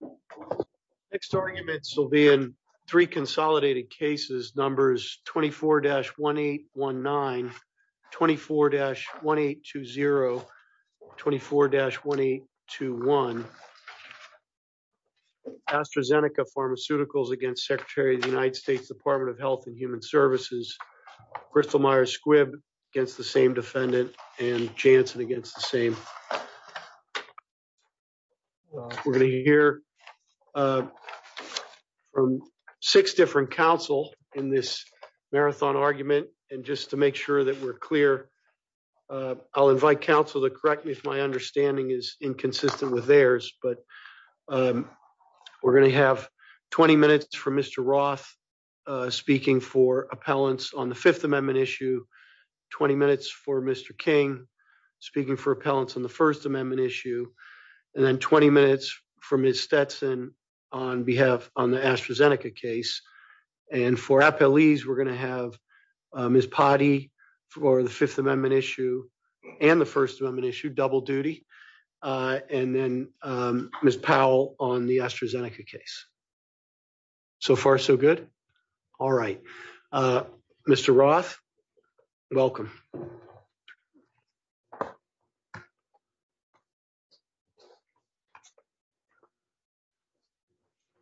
U.S. Department of Health and Human Services. Next arguments will be in three consolidated cases, numbers 24-1819, 24-1820, 24-1821. AstraZeneca Pharmaceuticals against Secretary of the United States Department of Health and Human Services. Bristol Myers-Squibb against the same defendant and Janssen against the same. We're going to hear from six different counsel in this marathon argument. And just to make sure that we're clear, I'll invite counsel to correct me if my understanding is inconsistent with theirs. But we're going to have 20 minutes for Mr. Roth speaking for appellants on the Fifth Amendment issue. 20 minutes for Mr. King speaking for appellants on the First Amendment issue. And then 20 minutes for Ms. Stetson on behalf on the AstraZeneca case. And for appellees, we're going to have Ms. Potty for the Fifth Amendment issue and the First Amendment issue, double duty. And then Ms. Powell on the AstraZeneca case. So far, so good. All right. Mr. Roth, welcome.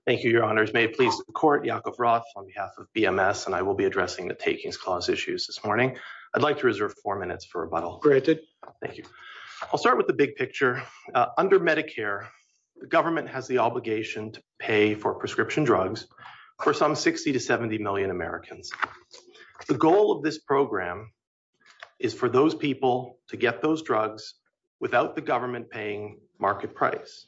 Thank you, Your Honors. May it please the court, Yakov Roth on behalf of BMS. And I will be addressing the Takings Clause issues this morning. I'd like to reserve four minutes for rebuttal. Thank you. I'll start with the big picture. Under Medicare, the government has the obligation to pay for prescription drugs for some 60 to 70 million Americans. The goal of this program is for those people to get those drugs without the government paying market price.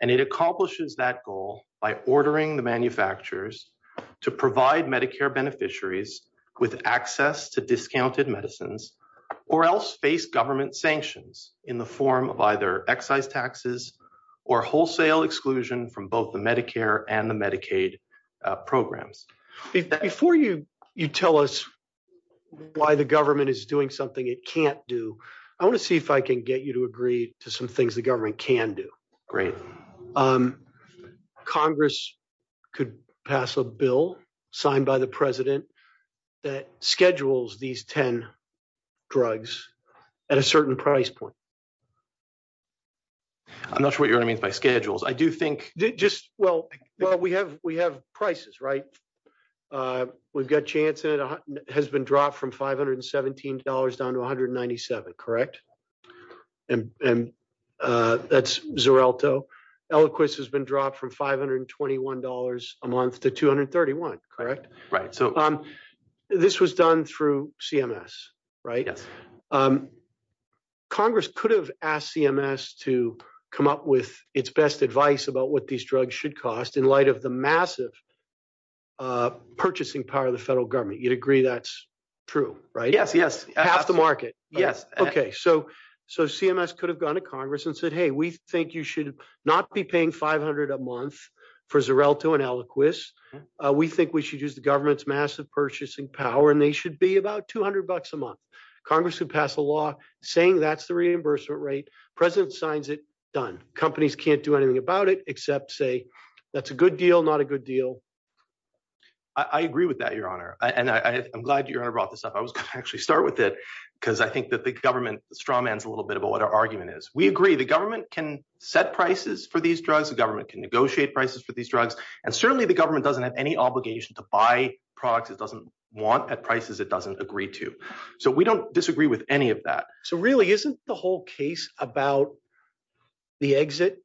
And it accomplishes that goal by ordering the manufacturers to provide Medicare beneficiaries with access to discounted medicines or else face government sanctions in the form of either excise taxes or wholesale exclusion from both the Medicare and the Medicaid programs. Before you tell us why the government is doing something it can't do, I want to see if I can get you to agree to some things the government can do. Congress could pass a bill signed by the president that schedules these 10 drugs at a certain price point. I'm not sure what you mean by schedules. Well, we have prices, right? We've got chances. It has been dropped from $517 down to $197, correct? And that's Xarelto. Eliquis has been dropped from $521 a month to $231, correct? Right. This was done through CMS, right? Yeah. Congress could have asked CMS to come up with its best advice about what these drugs should cost in light of the massive purchasing power of the federal government. You'd agree that's true, right? Yes, yes. Half the market. Yes. Okay. So CMS could have gone to Congress and said, hey, we think you should not be paying $500 a month for Xarelto and Eliquis. We think we should use the government's massive purchasing power and they should be about $200 a month. Congress could pass a law saying that's the reimbursement rate. President signs it. Done. Companies can't do anything about it except say that's a good deal, not a good deal. I agree with that, Your Honor. And I'm glad Your Honor brought this up. I was going to actually start with it because I think that the government strawmans a little bit about what our argument is. We agree the government can set prices for these drugs. The government can negotiate prices for these drugs. And certainly the government doesn't have any obligation to buy products it doesn't want at prices it doesn't agree to. So we don't disagree with any of that. So really isn't the whole case about the exit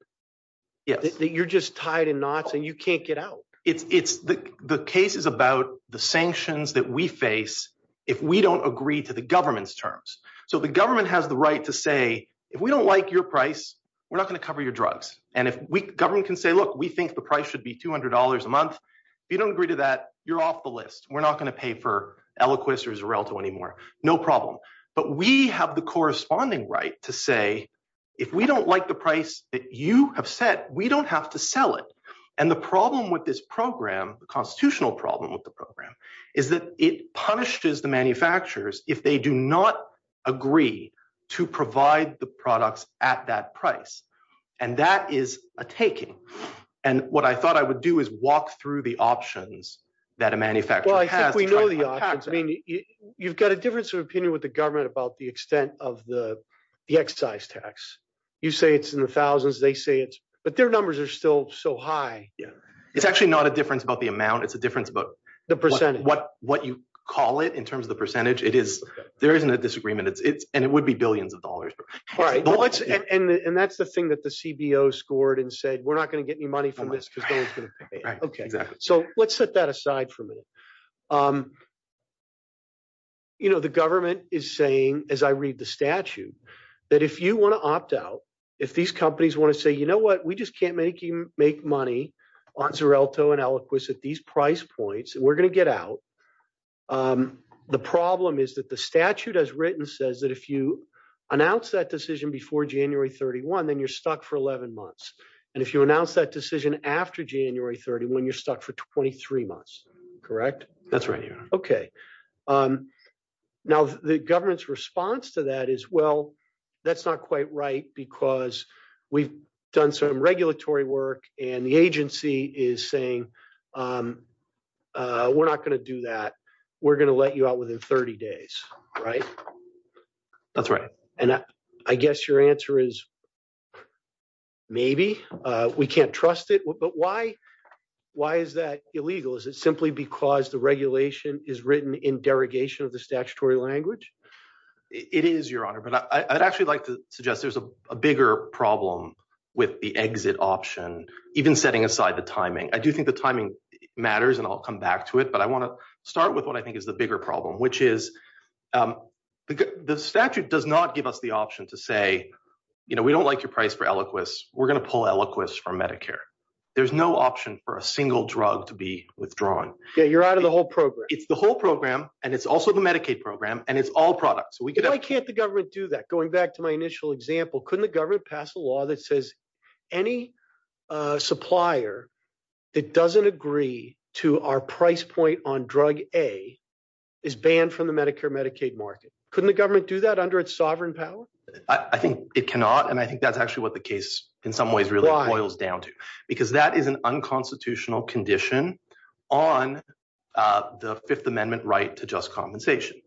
that you're just tied in knots and you can't get out? The case is about the sanctions that we face if we don't agree to the government's terms. So the government has the right to say if we don't like your price, we're not going to cover your drugs. And the government can say, look, we think the price should be $200 a month. If you don't agree to that, you're off the list. We're not going to pay for Eliquis or Xarelto anymore. No problem. But we have the corresponding right to say if we don't like the price that you have set, we don't have to sell it. And the problem with this program, the constitutional problem with the program, is that it punishes the manufacturers if they do not agree to provide the products at that price. And that is a taking. And what I thought I would do is walk through the options that a manufacturer has. Well, I think we know the options. I mean, you've got a difference of opinion with the government about the extent of the excise tax. You say it's in the thousands. They say it's – but their numbers are still so high. Yeah. It's actually not a difference about the amount. It's a difference about what you call it in terms of the percentage. There isn't a disagreement. And it would be billions of dollars. And that's the thing that the CBO scored and said, we're not going to get any money from this. Okay. So let's set that aside for a minute. You know, the government is saying, as I read the statute, that if you want to opt out, if these companies want to say, you know what, we just can't make money on Xarelto and Eliquis at these price points, we're going to get out. The problem is that the statute as written says that if you announce that decision before January 31, then you're stuck for 11 months. And if you announce that decision after January 31, you're stuck for 23 months. Correct? That's right. Okay. Now, the government's response to that is, well, that's not quite right because we've done some regulatory work and the agency is saying, we're not going to do that. We're going to let you out within 30 days. Right? That's right. And I guess your answer is maybe. We can't trust it. But why? Why is that illegal? Is it simply because the regulation is written in derogation of the statutory language? It is, Your Honor. But I'd actually like to suggest there's a bigger problem with the exit option, even setting aside the timing. I do think the timing matters and I'll come back to it. But I want to start with what I think is the bigger problem, which is the statute does not give us the option to say, you know, we don't like your price for Eliquis. We're going to pull Eliquis from Medicare. There's no option for a single drug to be withdrawn. You're out of the whole program. It's the whole program. And it's also the Medicaid program. And it's all products. Why can't the government do that? Going back to my initial example, couldn't the government pass a law that says any supplier that doesn't agree to our price point on drug A is banned from the Medicare Medicaid market? Couldn't the government do that under its sovereign power? I think it cannot. And I think that's actually what the case in some ways really boils down to, because that is an unconstitutional condition on the Fifth Amendment right to just compensation.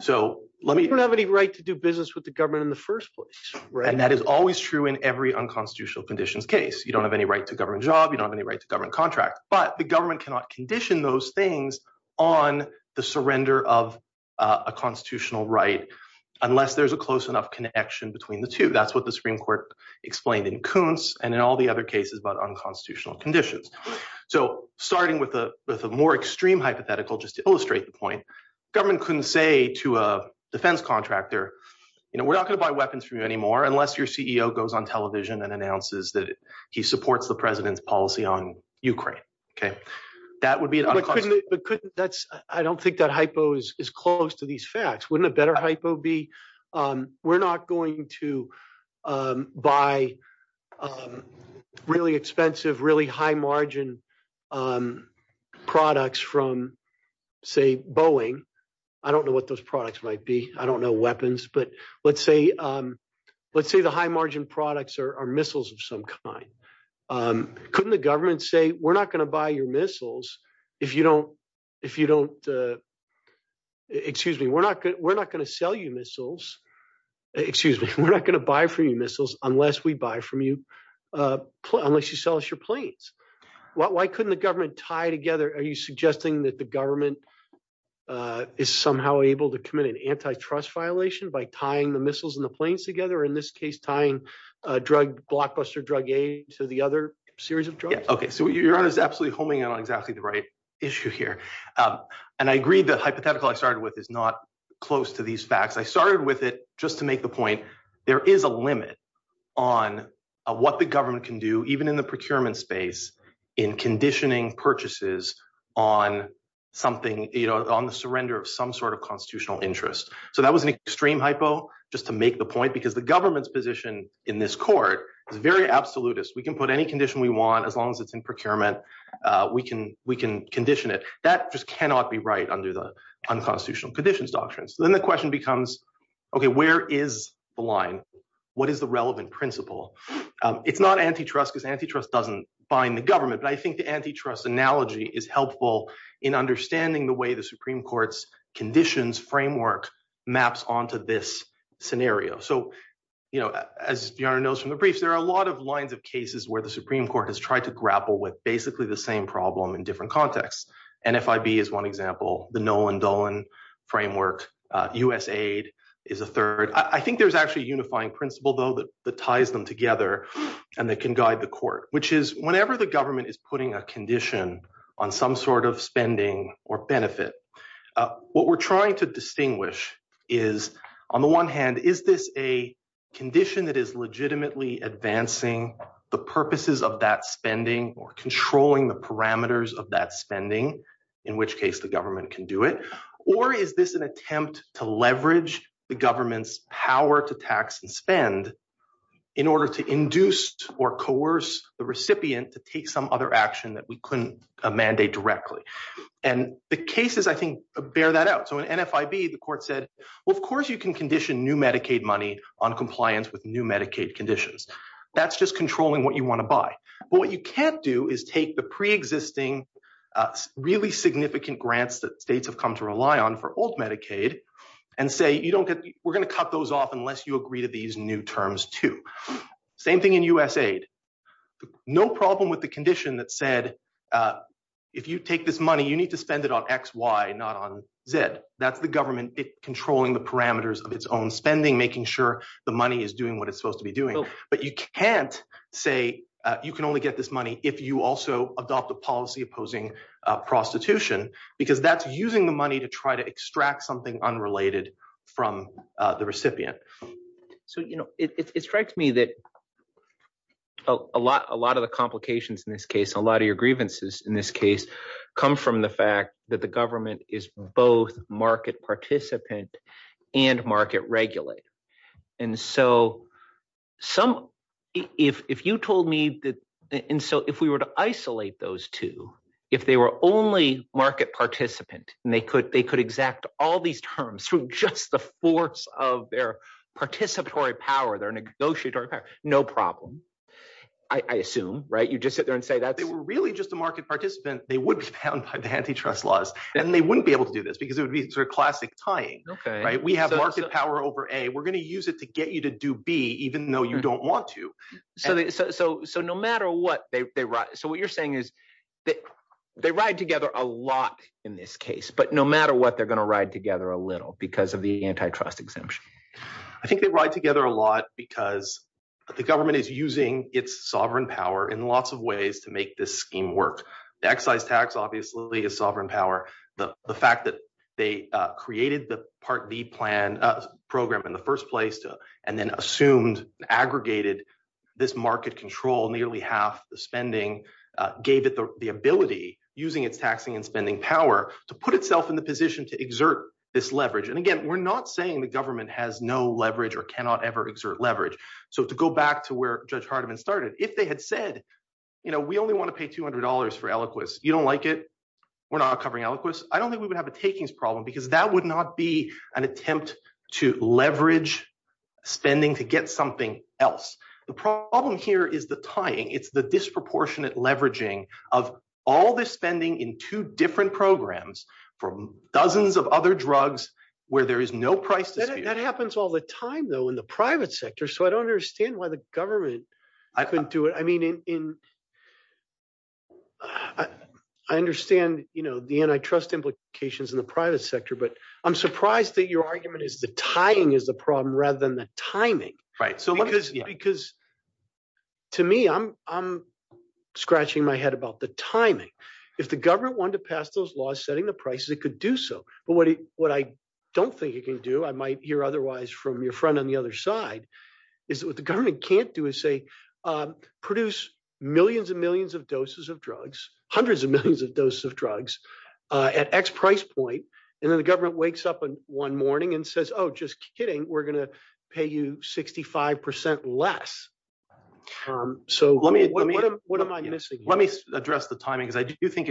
So let me have any right to do business with the government in the first place. And that is always true in every unconstitutional conditions case. You don't have any right to govern job. You don't have any right to govern contract. But the government cannot condition those things on the surrender of a constitutional right unless there's a close enough connection between the two. That's what the Supreme Court explained in Koontz and in all the other cases about unconstitutional conditions. So starting with a more extreme hypothetical, just to illustrate the point, government couldn't say to a defense contractor, you know, we're not going to buy weapons for you anymore unless your CEO goes on television and announces that he supports the president's policy on Ukraine. OK, that would be it. I don't think that hypo is close to these facts. Wouldn't a better hypo be we're not going to buy really expensive, really high margin products from, say, Boeing. I don't know what those products might be. I don't know weapons. But let's say let's say the high margin products are missiles of some kind. Couldn't the government say we're not going to buy your missiles if you don't if you don't. Excuse me, we're not we're not going to sell you missiles. Excuse me. We're not going to buy for you missiles unless we buy from you unless you sell us your planes. Why couldn't the government tie together? Are you suggesting that the government is somehow able to commit an antitrust violation by tying the missiles and the planes together, in this case, tying drug blockbuster drug to the other series of drugs? OK, so you're absolutely homing on exactly the right issue here. And I agree that hypothetical I started with is not close to these facts. I started with it just to make the point there is a limit on what the government can do, even in the procurement space in conditioning purchases on something on the surrender of some sort of constitutional interest. So that was an extreme hypo just to make the point, because the government's position in this court is very absolutist. We can put any condition we want as long as it's in procurement. We can we can condition it. That just cannot be right under the unconstitutional conditions doctrines. Then the question becomes, OK, where is the line? What is the relevant principle? It's not antitrust because antitrust doesn't bind the government. But I think the antitrust analogy is helpful in understanding the way the Supreme Court's conditions framework maps onto this scenario. So, you know, as you know from the briefs, there are a lot of lines of cases where the Supreme Court has tried to grapple with basically the same problem in different contexts. And if I be as one example, the Nolan Dolan framework, USAID is a third. I think there's actually unifying principle, though, that ties them together and that can guide the court, which is whenever the government is putting a condition on some sort of spending or benefit. What we're trying to distinguish is, on the one hand, is this a condition that is legitimately advancing the purposes of that spending or controlling the parameters of that spending, in which case the government can do it? Or is this an attempt to leverage the government's power to tax and spend in order to induce or coerce the recipient to take some other action that we couldn't mandate directly? And the cases, I think, bear that out. So in NFIB, the court said, well, of course you can condition new Medicaid money on compliance with new Medicaid conditions. That's just controlling what you want to buy. But what you can't do is take the preexisting really significant grants that states have come to rely on for old Medicaid and say, you don't get we're going to cut those off unless you agree to these new terms, too. Same thing in USAID. No problem with the condition that said, if you take this money, you need to spend it on X, Y, not on Z. That's the government controlling the parameters of its own spending, making sure the money is doing what it's supposed to be doing. But you can't say you can only get this money if you also adopt the policy opposing prostitution because that's using the money to try to extract something unrelated from the recipient. So, you know, it strikes me that a lot of the complications in this case, a lot of your grievances in this case, come from the fact that the government is both market participant and market regulator. And so some – if you told me that – and so if we were to isolate those two, if they were only market participant and they could exact all these terms through just the force of their participatory power, their negotiatory power, no problem, I assume. You just sit there and say that they were really just a market participant. They would be bound by the antitrust laws. And they wouldn't be able to do this because it would be sort of classic tying. We have market power over A. We're going to use it to get you to do B even though you don't want to. So no matter what they – so what you're saying is they ride together a lot in this case, but no matter what, they're going to ride together a little because of the antitrust exemption. I think they ride together a lot because the government is using its sovereign power in lots of ways to make this scheme work. The excise tax obviously is sovereign power. The fact that they created the Part B program in the first place and then assumed and aggregated this market control, nearly half the spending, gave it the ability using its taxing and spending power to put itself in the position to exert this leverage. And again, we're not saying the government has no leverage or cannot ever exert leverage. So to go back to where Judge Hardiman started, if they had said we only want to pay $200 for Eliquis, you don't like it, we're not covering Eliquis, I don't think we would have a takings problem because that would not be an attempt to leverage spending to get something else. The problem here is the tying. It's the disproportionate leveraging of all the spending in two different programs from dozens of other drugs where there is no price. That happens all the time though in the private sector, so I don't understand why the government – I mean in – I understand the antitrust implications in the private sector, but I'm surprised that your argument is the tying is the problem rather than the timing. Because to me, I'm scratching my head about the timing. If the government wanted to pass those laws setting the prices, it could do so. But what I don't think it can do, I might hear otherwise from your friend on the other side, is what the government can't do is say produce millions and millions of doses of drugs, hundreds of millions of doses of drugs at X price point, and then the government wakes up one morning and says, oh, just kidding, we're going to pay you 65% less. So what am I missing? Let me address the timing because I do think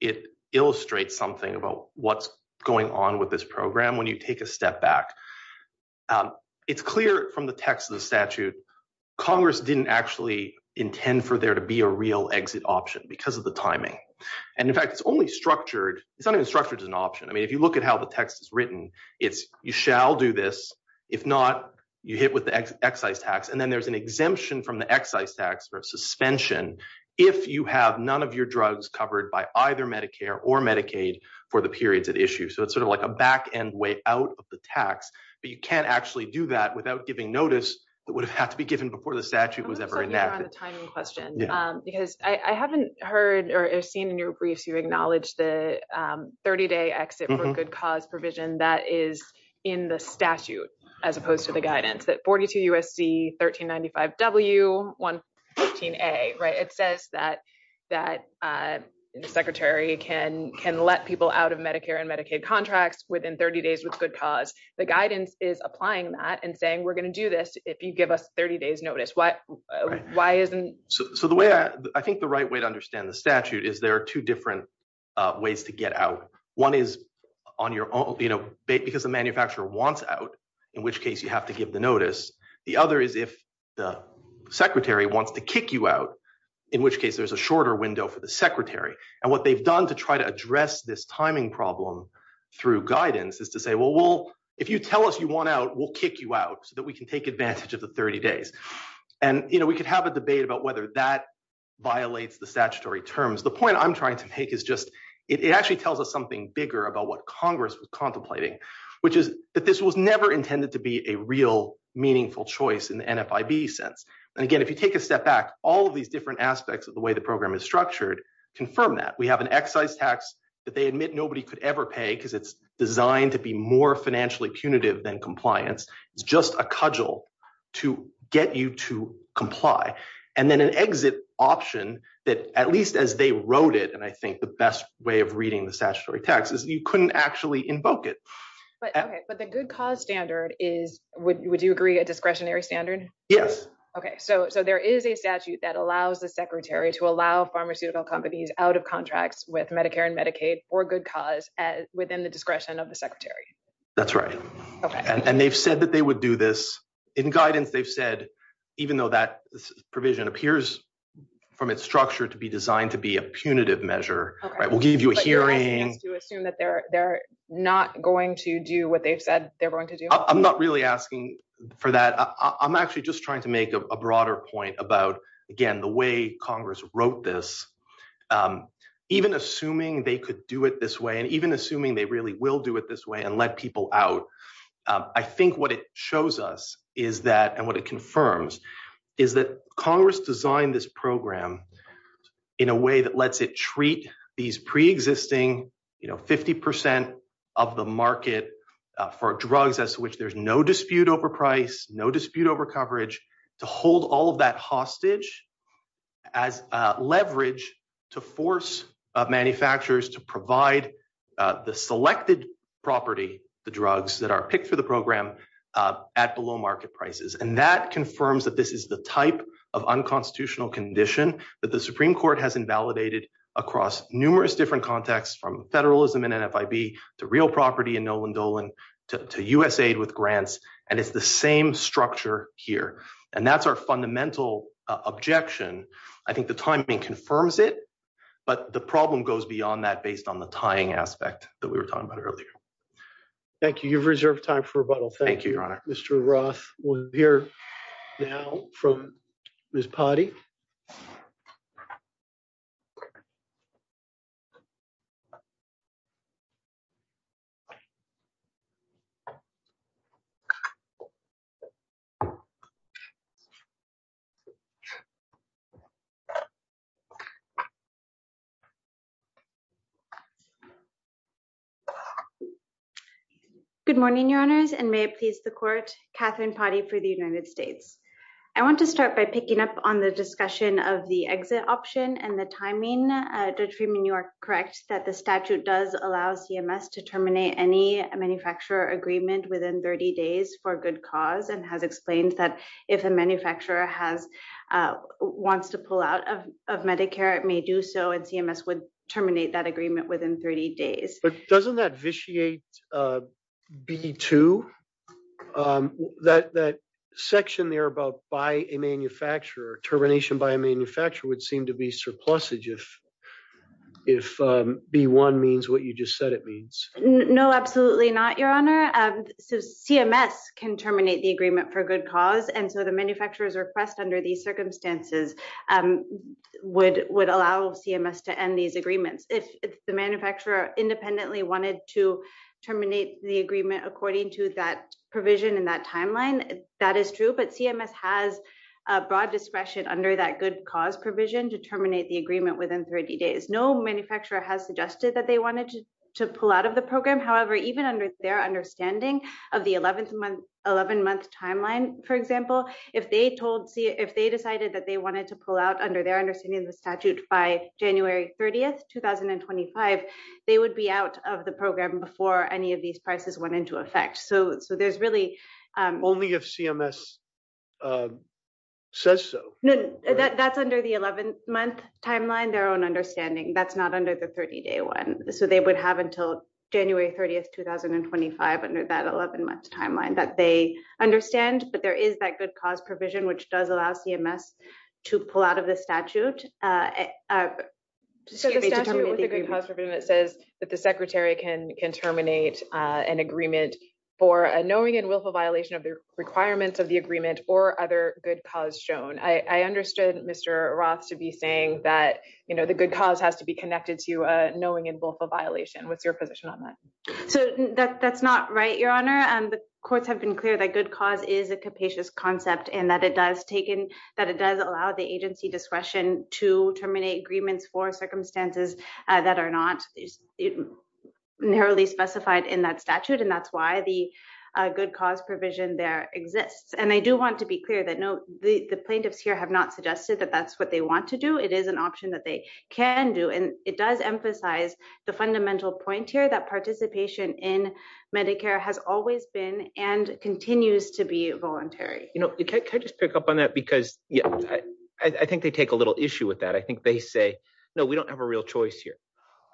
it illustrates something about what's going on with this program when you take a step back. It's clear from the text of the statute Congress didn't actually intend for there to be a real exit option because of the timing. And in fact, it's only structured – it's not even structured as an option. I mean, if you look at how the text is written, it's you shall do this. If not, you hit with the excise tax. And then there's an exemption from the excise tax for suspension if you have none of your drugs covered by either Medicare or Medicaid for the periods at issue. So it's sort of like a back-end way out of the tax, but you can't actually do that without giving notice that would have had to be given before the statute was ever enacted. Because I haven't heard or seen in your briefs you acknowledge the 30-day exit for good cause provision that is in the statute as opposed to the guidance, that 42 U.S.C. 1395 W. It says that the Secretary can let people out of Medicare and Medicaid contracts within 30 days with good cause. The guidance is applying that and saying we're going to do this if you give us 30 days' notice. Why isn't – So the way – I think the right way to understand the statute is there are two different ways to get out. One is on your – because the manufacturer wants out, in which case you have to give the notice. The other is if the Secretary wants to kick you out, in which case there's a shorter window for the Secretary. And what they've done to try to address this timing problem through guidance is to say, well, we'll – if you tell us you want out, we'll kick you out so that we can take advantage of the 30 days. And we could have a debate about whether that violates the statutory terms. The point I'm trying to take is just it actually tells us something bigger about what Congress is contemplating, which is that this was never intended to be a real meaningful choice in the NFIB sense. And again, if you take a step back, all of these different aspects of the way the program is structured confirm that. We have an excise tax that they admit nobody could ever pay because it's designed to be more financially punitive than compliance. It's just a cudgel to get you to comply. And then an exit option that, at least as they wrote it, and I think the best way of reading the statutory tax is you couldn't actually invoke it. But the good cause standard is – would you agree a discretionary standard? Yes. Okay. So there is a statute that allows the secretary to allow pharmaceutical companies out of contracts with Medicare and Medicaid for good cause within the discretion of the secretary? That's right. Okay. And they've said that they would do this. In guidance, they've said even though that provision appears from its structure to be designed to be a punitive measure – We'll give you a hearing. But you're asking them to assume that they're not going to do what they've said they're going to do? I'm not really asking for that. I'm actually just trying to make a broader point about, again, the way Congress wrote this. Even assuming they could do it this way and even assuming they really will do it this way and let people out, I think what it shows us is that – and what it confirms – is that Congress designed this program in a way that lets it treat these preexisting 50% of the market for drugs as to which there's no dispute over price, no dispute over coverage, to hold all of that hostage as leverage to force manufacturers to provide the selected property, the drugs, that are picked for the program at the low market prices. And that confirms that this is the type of unconstitutional condition that the Supreme Court has invalidated across numerous different contexts, from federalism in NFIB to real property in Noland Dolan to USAID with grants, and it's the same structure here. And that's our fundamental objection. I think the timing confirms it, but the problem goes beyond that based on the tying aspect that we were talking about earlier. Thank you. You've reserved time for rebuttal. Thank you, Your Honor. Mr. Roth will hear now from Ms. Potti. Good morning, Your Honors, and may it please the Court, Katherine Potti for the United States. I want to start by picking up on the discussion of the exit option and the timing. Judge Freeman, you are correct that the statute does allow CMS to terminate any manufacturer agreement within 30 days for good cause and have explained that if a manufacturer wants to pull out of Medicare, it may do so, and CMS would terminate that agreement within 30 days. But doesn't that vitiate B-2? That section there about by a manufacturer, termination by a manufacturer, would seem to be surplusage if B-1 means what you just said it means. No, absolutely not, Your Honor. CMS can terminate the agreement for good cause, and so the manufacturer's request under these circumstances would allow CMS to end these agreements. If the manufacturer independently wanted to terminate the agreement according to that provision in that timeline, that is true, but CMS has broad discretion under that good cause provision to terminate the agreement within 30 days. No manufacturer has suggested that they wanted to pull out of the program. However, even under their understanding of the 11-month timeline, for example, if they decided that they wanted to pull out under their understanding of the statute by January 30, 2025, they would be out of the program before any of these prices went into effect. So there's really — Only if CMS says so. No, that's under the 11-month timeline, their own understanding. That's not under the 30-day one. So they would have until January 30, 2025, under that 11-month timeline, that they understand that there is that good cause provision, which does allow CMS to pull out of the statute. So the statute with the good cause provision says that the secretary can terminate an agreement for a knowing and willful violation of the requirements of the agreement or other good cause shown. I understood Mr. Roth to be saying that, you know, the good cause has to be connected to a knowing and willful violation. What's your position on that? So that's not right, Your Honor. The courts have been clear that good cause is a capacious concept and that it does allow the agency discretion to terminate agreements for circumstances that are not narrowly specified in that statute, and that's why the good cause provision there exists. And I do want to be clear that the plaintiffs here have not suggested that that's what they want to do. It is an option that they can do. And it does emphasize the fundamental point here that participation in Medicare has always been and continues to be voluntary. Can I just pick up on that? Because I think they take a little issue with that. I think they say, no, we don't have a real choice here.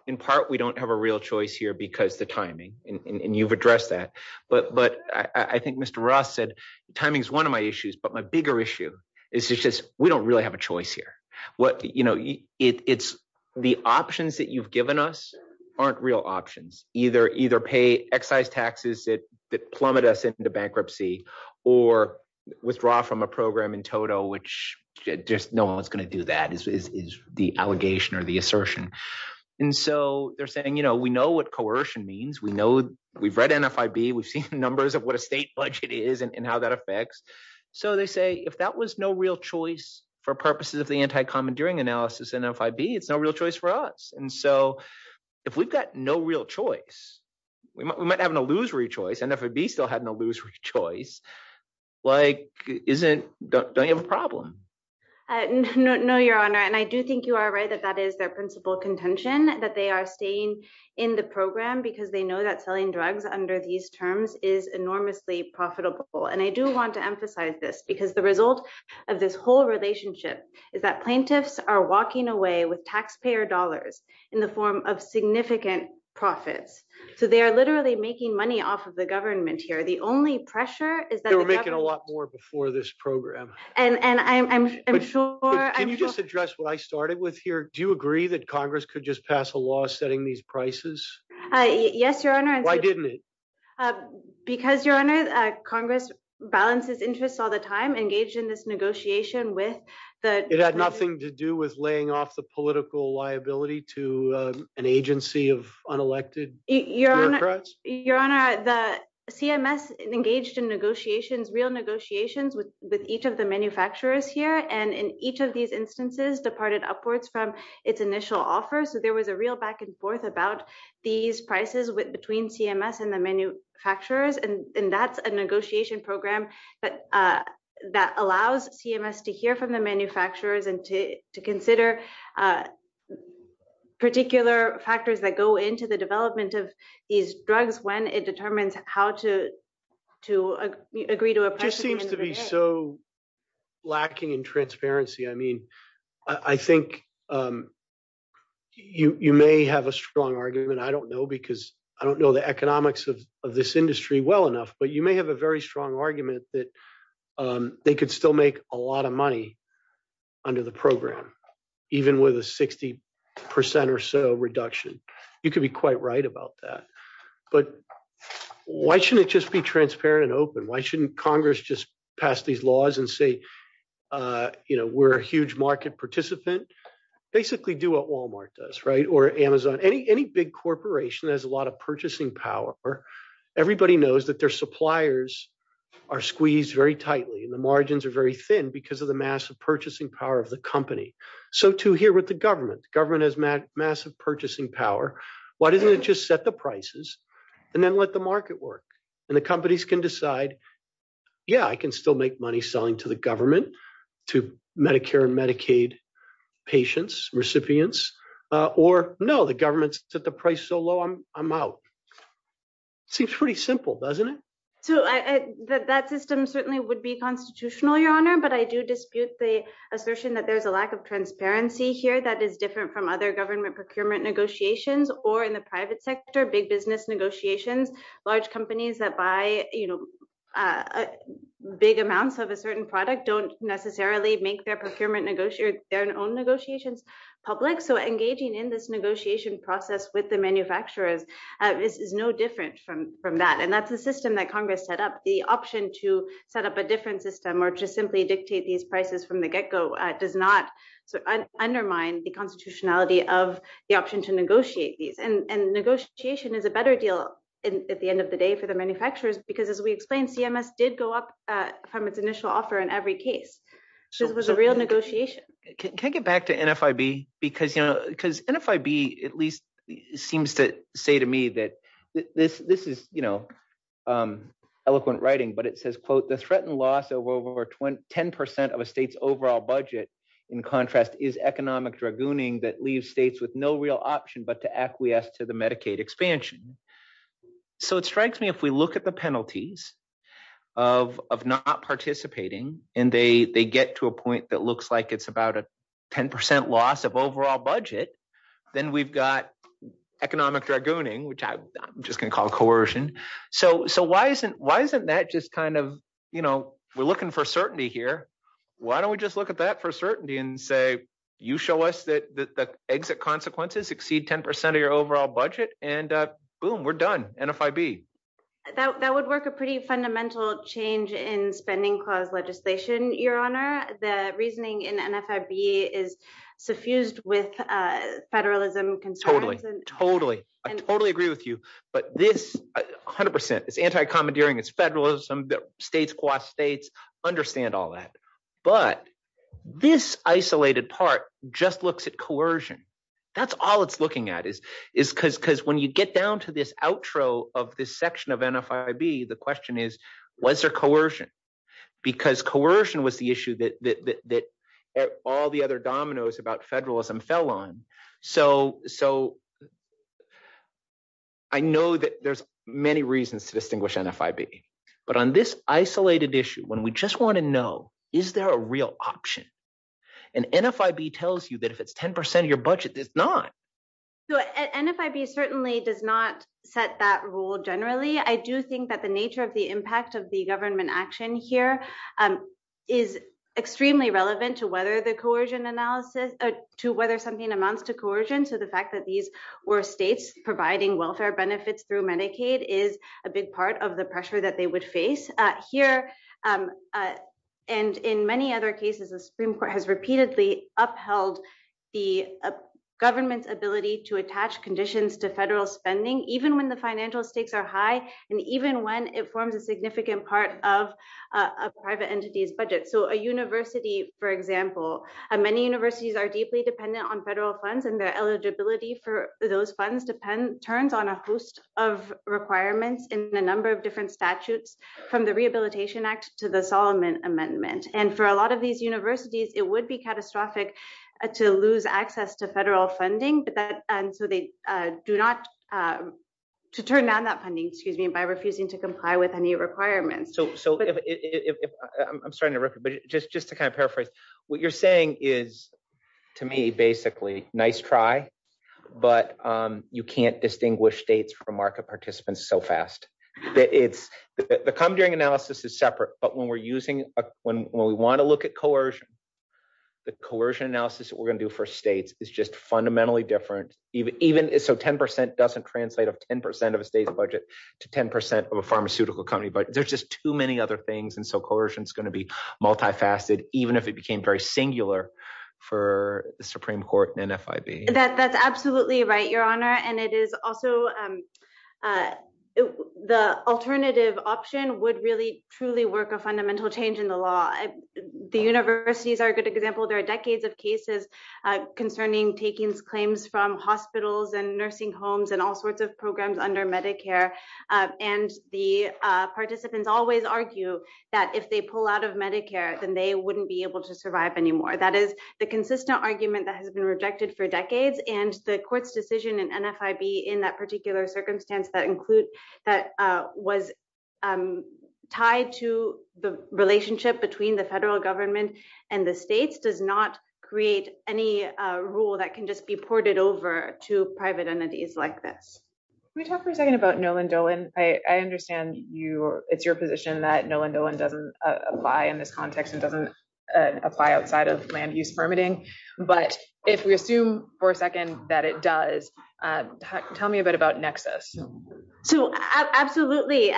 In part, we don't have a real choice here because the timing, and you've addressed that. But I think Mr. Roth said timing is one of my issues. But my bigger issue is just we don't really have a choice here. It's the options that you've given us aren't real options. Either pay excise taxes that plummet us into bankruptcy or withdraw from a program in total, which just no one's going to do that is the allegation or the assertion. And so they're saying we know what coercion means. We've read NFIB. We've seen numbers of what a state budget is and how that affects. So they say if that was no real choice for purposes of the anti-commandeering analysis, NFIB, it's no real choice for us. And so if we've got no real choice, we might have an illusory choice. NFIB still had an illusory choice. Like, don't you have a problem? No, Your Honor. And I do think you are right that that is their principal contention that they are staying in the program because they know that selling drugs under these terms is enormously profitable. And I do want to emphasize this because the result of this whole relationship is that plaintiffs are walking away with taxpayer dollars in the form of significant profits. So they are literally making money off of the government here. The only pressure is that they're making a lot more before this program. And I'm sure. Can you just address what I started with here? Do you agree that Congress could just pass a law setting these prices? Yes, Your Honor. Why didn't it? Because, Your Honor, Congress balances interests all the time, engaged in this negotiation with the. It had nothing to do with laying off the political liability to an agency of unelected. Your Honor, the CMS engaged in negotiations, real negotiations with each of the manufacturers here. And in each of these instances departed upwards from its initial offer. So there was a real back and forth about these prices between CMS and the manufacturers. And that's a negotiation program. But that allows CMS to hear from the manufacturers and to consider particular factors that go into the development of these drugs when it determines how to to agree to. It seems to be so lacking in transparency. I mean, I think you may have a strong argument. I don't know, because I don't know the economics of this industry well enough. But you may have a very strong argument that they could still make a lot of money under the program, even with a 60 percent or so reduction. You could be quite right about that. But why shouldn't it just be transparent and open? Why shouldn't Congress just pass these laws and say, you know, we're a huge market participant? Basically do what Wal-Mart does, right? Or Amazon. Any big corporation has a lot of purchasing power. Everybody knows that their suppliers are squeezed very tightly and the margins are very thin because of the massive purchasing power of the company. So, too, here with the government. Government has massive purchasing power. Why didn't it just set the prices and then let the market work? And the companies can decide, yeah, I can still make money selling to the government, to Medicare and Medicaid patients, recipients, or no, the government set the price so low, I'm out. Seems pretty simple, doesn't it? So that system certainly would be constitutional, Your Honor. But I do dispute the assertion that there's a lack of transparency here that is different from other government procurement negotiations or in the private sector. Big business negotiations, large companies that buy big amounts of a certain product don't necessarily make their own negotiations public. So engaging in this negotiation process with the manufacturers is no different from that. And that's the system that Congress set up. The option to set up a different system or to simply dictate these prices from the get-go does not undermine the constitutionality of the option to negotiate these. And negotiation is a better deal at the end of the day for the manufacturers because, as we explained, CMS did go up from its initial offer in every case. So it was a real negotiation. Can I get back to NFIB? Because NFIB at least seems to say to me that this is eloquent writing, but it says, quote, the threatened loss of over 10% of a state's overall budget, in contrast, is economic dragooning that leaves states with no real option but to acquiesce to the Medicaid expansion. So it strikes me if we look at the penalties of not participating and they get to a point that looks like it's about a 10% loss of overall budget, then we've got economic dragooning, which I'm just going to call coercion. So why isn't that just kind of – we're looking for certainty here. Why don't we just look at that for certainty and say you show us that the exit consequences exceed 10% of your overall budget, and boom, we're done, NFIB? That would work a pretty fundamental change in spending clause legislation, Your Honor. The reasoning in NFIB is suffused with federalism concerns. Totally, totally. I totally agree with you. But this, 100%, is anti-commandeering. It's federalism. States quash states. Understand all that. But this isolated part just looks at coercion. That's all it's looking at is because when you get down to this outro of this section of NFIB, the question is, was there coercion? Because coercion was the issue that all the other dominoes about federalism fell on. So I know that there's many reasons to distinguish NFIB. But on this isolated issue, when we just want to know, is there a real option? And NFIB tells you that if it's 10% of your budget, it's not. So NFIB certainly does not set that rule generally. I do think that the nature of the impact of the government action here is extremely relevant to whether the coercion analysis, to whether something amounts to coercion. So the fact that these were states providing welfare benefits through Medicaid is a big part of the pressure that they would face. And here, and in many other cases, the Supreme Court has repeatedly upheld the government's ability to attach conditions to federal spending, even when the financial stakes are high, and even when it forms a significant part of a private entity's budget. So a university, for example, and many universities are deeply dependent on federal funds and their eligibility for those funds depends on a host of requirements in a number of different statutes, from the Rehabilitation Act to the Solomon Amendment. And for a lot of these universities, it would be catastrophic to lose access to federal funding, so they do not, to turn down that funding, excuse me, by refusing to comply with any requirements. I'm starting to record, but just to kind of paraphrase, what you're saying is, to me, basically, nice try, but you can't distinguish states from market participants so fast. The commentary analysis is separate, but when we want to look at coercion, the coercion analysis that we're going to do for states is just fundamentally different. So 10% doesn't translate of 10% of a state's budget to 10% of a pharmaceutical company, but there's just too many other things, and so coercion is going to be multifaceted, even if it became very singular for the Supreme Court and NFIB. That's absolutely right, Your Honor, and it is also, the alternative option would really, truly work a fundamental change in the law. The universities are a good example. There are decades of cases concerning taking claims from hospitals and nursing homes and all sorts of programs under Medicare, and the participants always argue that if they pull out of Medicare, then they wouldn't be able to survive anymore. That is the consistent argument that has been rejected for decades, and the court's decision in NFIB in that particular circumstance that was tied to the relationship between the federal government and the states does not create any rule that can just be ported over to private entities like this. Can we talk for a second about Noland-Dolan? I understand it's your position that Noland-Dolan doesn't apply in this context and doesn't apply outside of land use permitting, but if we assume for a second that it does, tell me a bit about Nexus. Absolutely.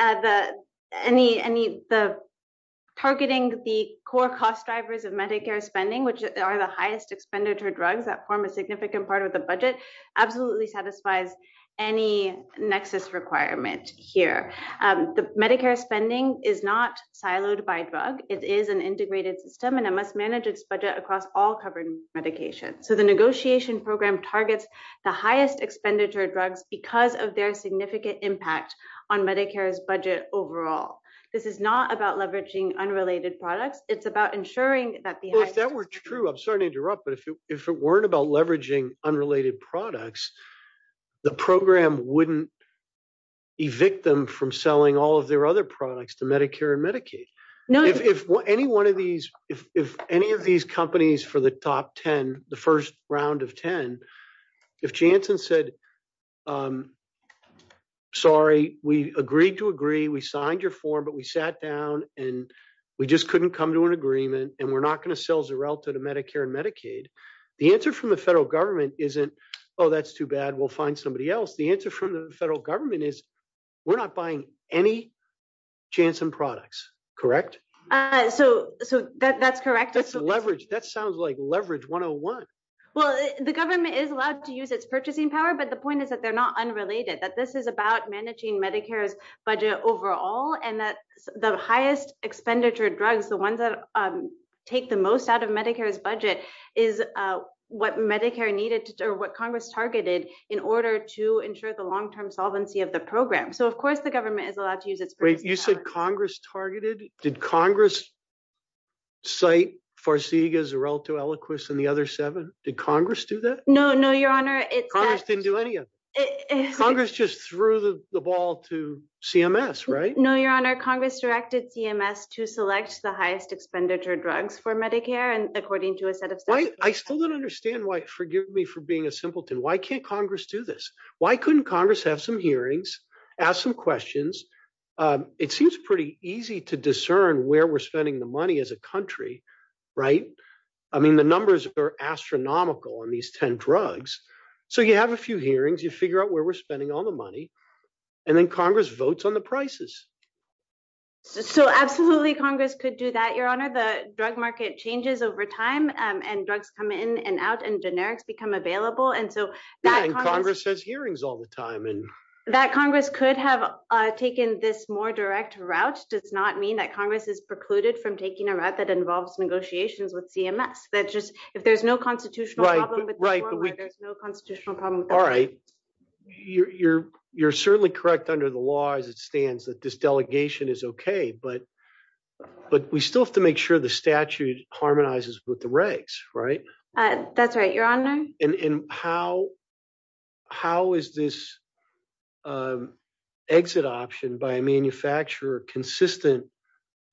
Targeting the core cost drivers of Medicare spending, which are the highest expenditure drugs that form a significant part of the budget, absolutely satisfies any Nexus requirement here. Medicare spending is not siloed by drug. It is an integrated system, and it must manage its budget across all covered medications, so the negotiation program targets the highest expenditure drugs because of their significant impact on Medicare's budget overall. This is not about leveraging unrelated products. It's about ensuring that the… If any of these companies for the top 10, the first round of 10, if Janssen said, sorry, we agreed to agree, we signed your form, but we sat down, and we just couldn't come to an agreement, and we're not going to sell Xarelta to Medicare and Medicaid, the answer from the federal government isn't, oh, that's too bad, we'll find somebody else. The answer from the federal government is we're not buying any Janssen products, correct? So, that's correct. That's leverage. That sounds like leverage 101. Well, the government is allowed to use its purchasing power, but the point is that they're not unrelated, that this is about managing Medicare's budget overall, and that the highest expenditure drugs, the ones that take the most out of Medicare's budget, is what Congress targeted in order to ensure the long-term solvency of the program. So, of course, the government is allowed to use its purchasing power. Wait, you said Congress targeted? Did Congress cite Farseega, Xarelta, Eloquist, and the other seven? Did Congress do that? No, no, your honor, it's… Congress didn't do any of it. Congress just threw the ball to CMS, right? No, your honor, Congress directed CMS to select the highest expenditure drugs for Medicare, and according to a set of… I still don't understand why, forgive me for being a simpleton, why can't Congress do this? Why couldn't Congress have some hearings, ask some questions? It seems pretty easy to discern where we're spending the money as a country, right? I mean, the numbers are astronomical on these 10 drugs. So, you have a few hearings, you figure out where we're spending all the money, and then Congress votes on the prices. So, absolutely, Congress could do that, your honor. The drug market changes over time, and drugs come in and out, and generics become available, and so… Yeah, and Congress has hearings all the time, and… That Congress could have taken this more direct route does not mean that Congress is precluded from taking a route that involves negotiations with CMS. That's just, if there's no constitutional problem… Right, right, but we… There's no constitutional problem with CMS. All right, you're certainly correct under the law as it stands that this delegation is okay, but we still have to make sure the statute harmonizes with the regs, right? That's right, your honor. And how is this exit option by a manufacturer consistent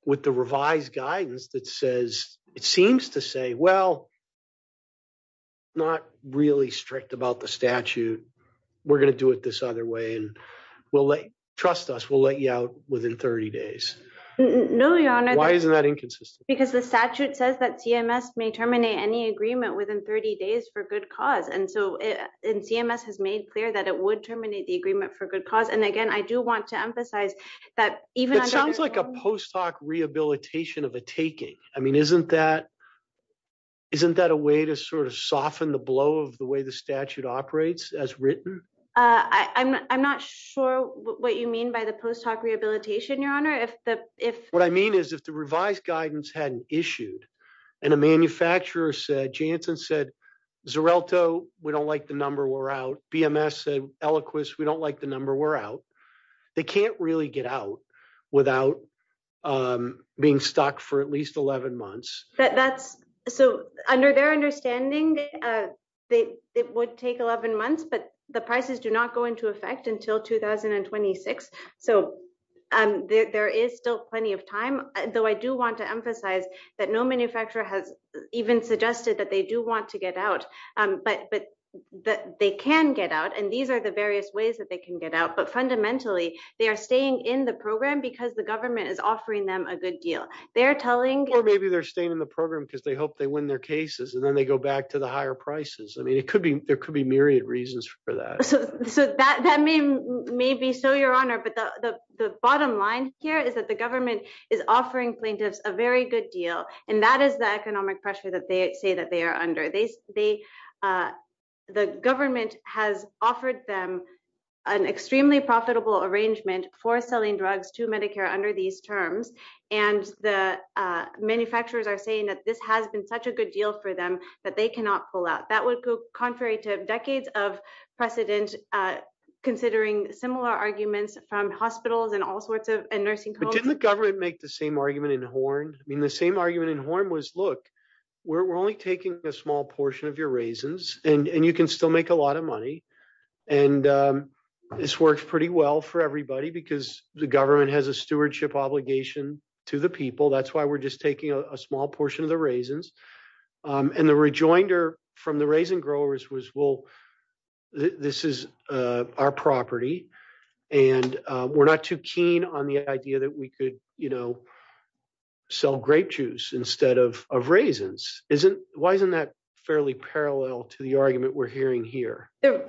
with the revised guidance that says, it seems to say, well, not really strict about the statute. We're going to do it this other way, and we'll let, trust us, we'll let you out within 30 days. No, your honor. Why is that inconsistent? Because the statute says that CMS may terminate any agreement within 30 days for good cause. And so, CMS has made clear that it would terminate the agreement for good cause. And again, I do want to emphasize that even… It sounds like a post hoc rehabilitation of a taking. I mean, isn't that a way to sort of soften the blow of the way the statute operates as written? I'm not sure what you mean by the post hoc rehabilitation, your honor. What I mean is, if the revised guidance hadn't issued, and a manufacturer said, Janssen said, Xarelto, we don't like the number. We're out. BMS said, Eloquist, we don't like the number. We're out. They can't really get out without being stuck for at least 11 months. So, under their understanding, it would take 11 months, but the prices do not go into effect until 2026. So, there is still plenty of time, though I do want to emphasize that no manufacturer has even suggested that they do want to get out. But they can get out, and these are the various ways that they can get out. But fundamentally, they are staying in the program because the government is offering them a good deal. Or maybe they're staying in the program because they hope they win their cases, and then they go back to the higher prices. I mean, there could be myriad reasons for that. That may be so, your honor. But the bottom line here is that the government is offering plaintiffs a very good deal, and that is the economic pressure that they say that they are under. The government has offered them an extremely profitable arrangement for selling drugs to Medicare under these terms. And the manufacturers are saying that this has been such a good deal for them that they cannot pull out. That would go contrary to decades of precedent, considering similar arguments from hospitals and all sorts of nursing homes. But didn't the government make the same argument in Horn? I mean, the same argument in Horn was, look, we're only taking a small portion of your raises, and you can still make a lot of money. And this works pretty well for everybody because the government has a stewardship obligation to the people. That's why we're just taking a small portion of the raisins. And the rejoinder from the raisin growers was, well, this is our property, and we're not too keen on the idea that we could, you know, sell grape juice instead of raisins. Why isn't that fairly parallel to the argument we're hearing here? The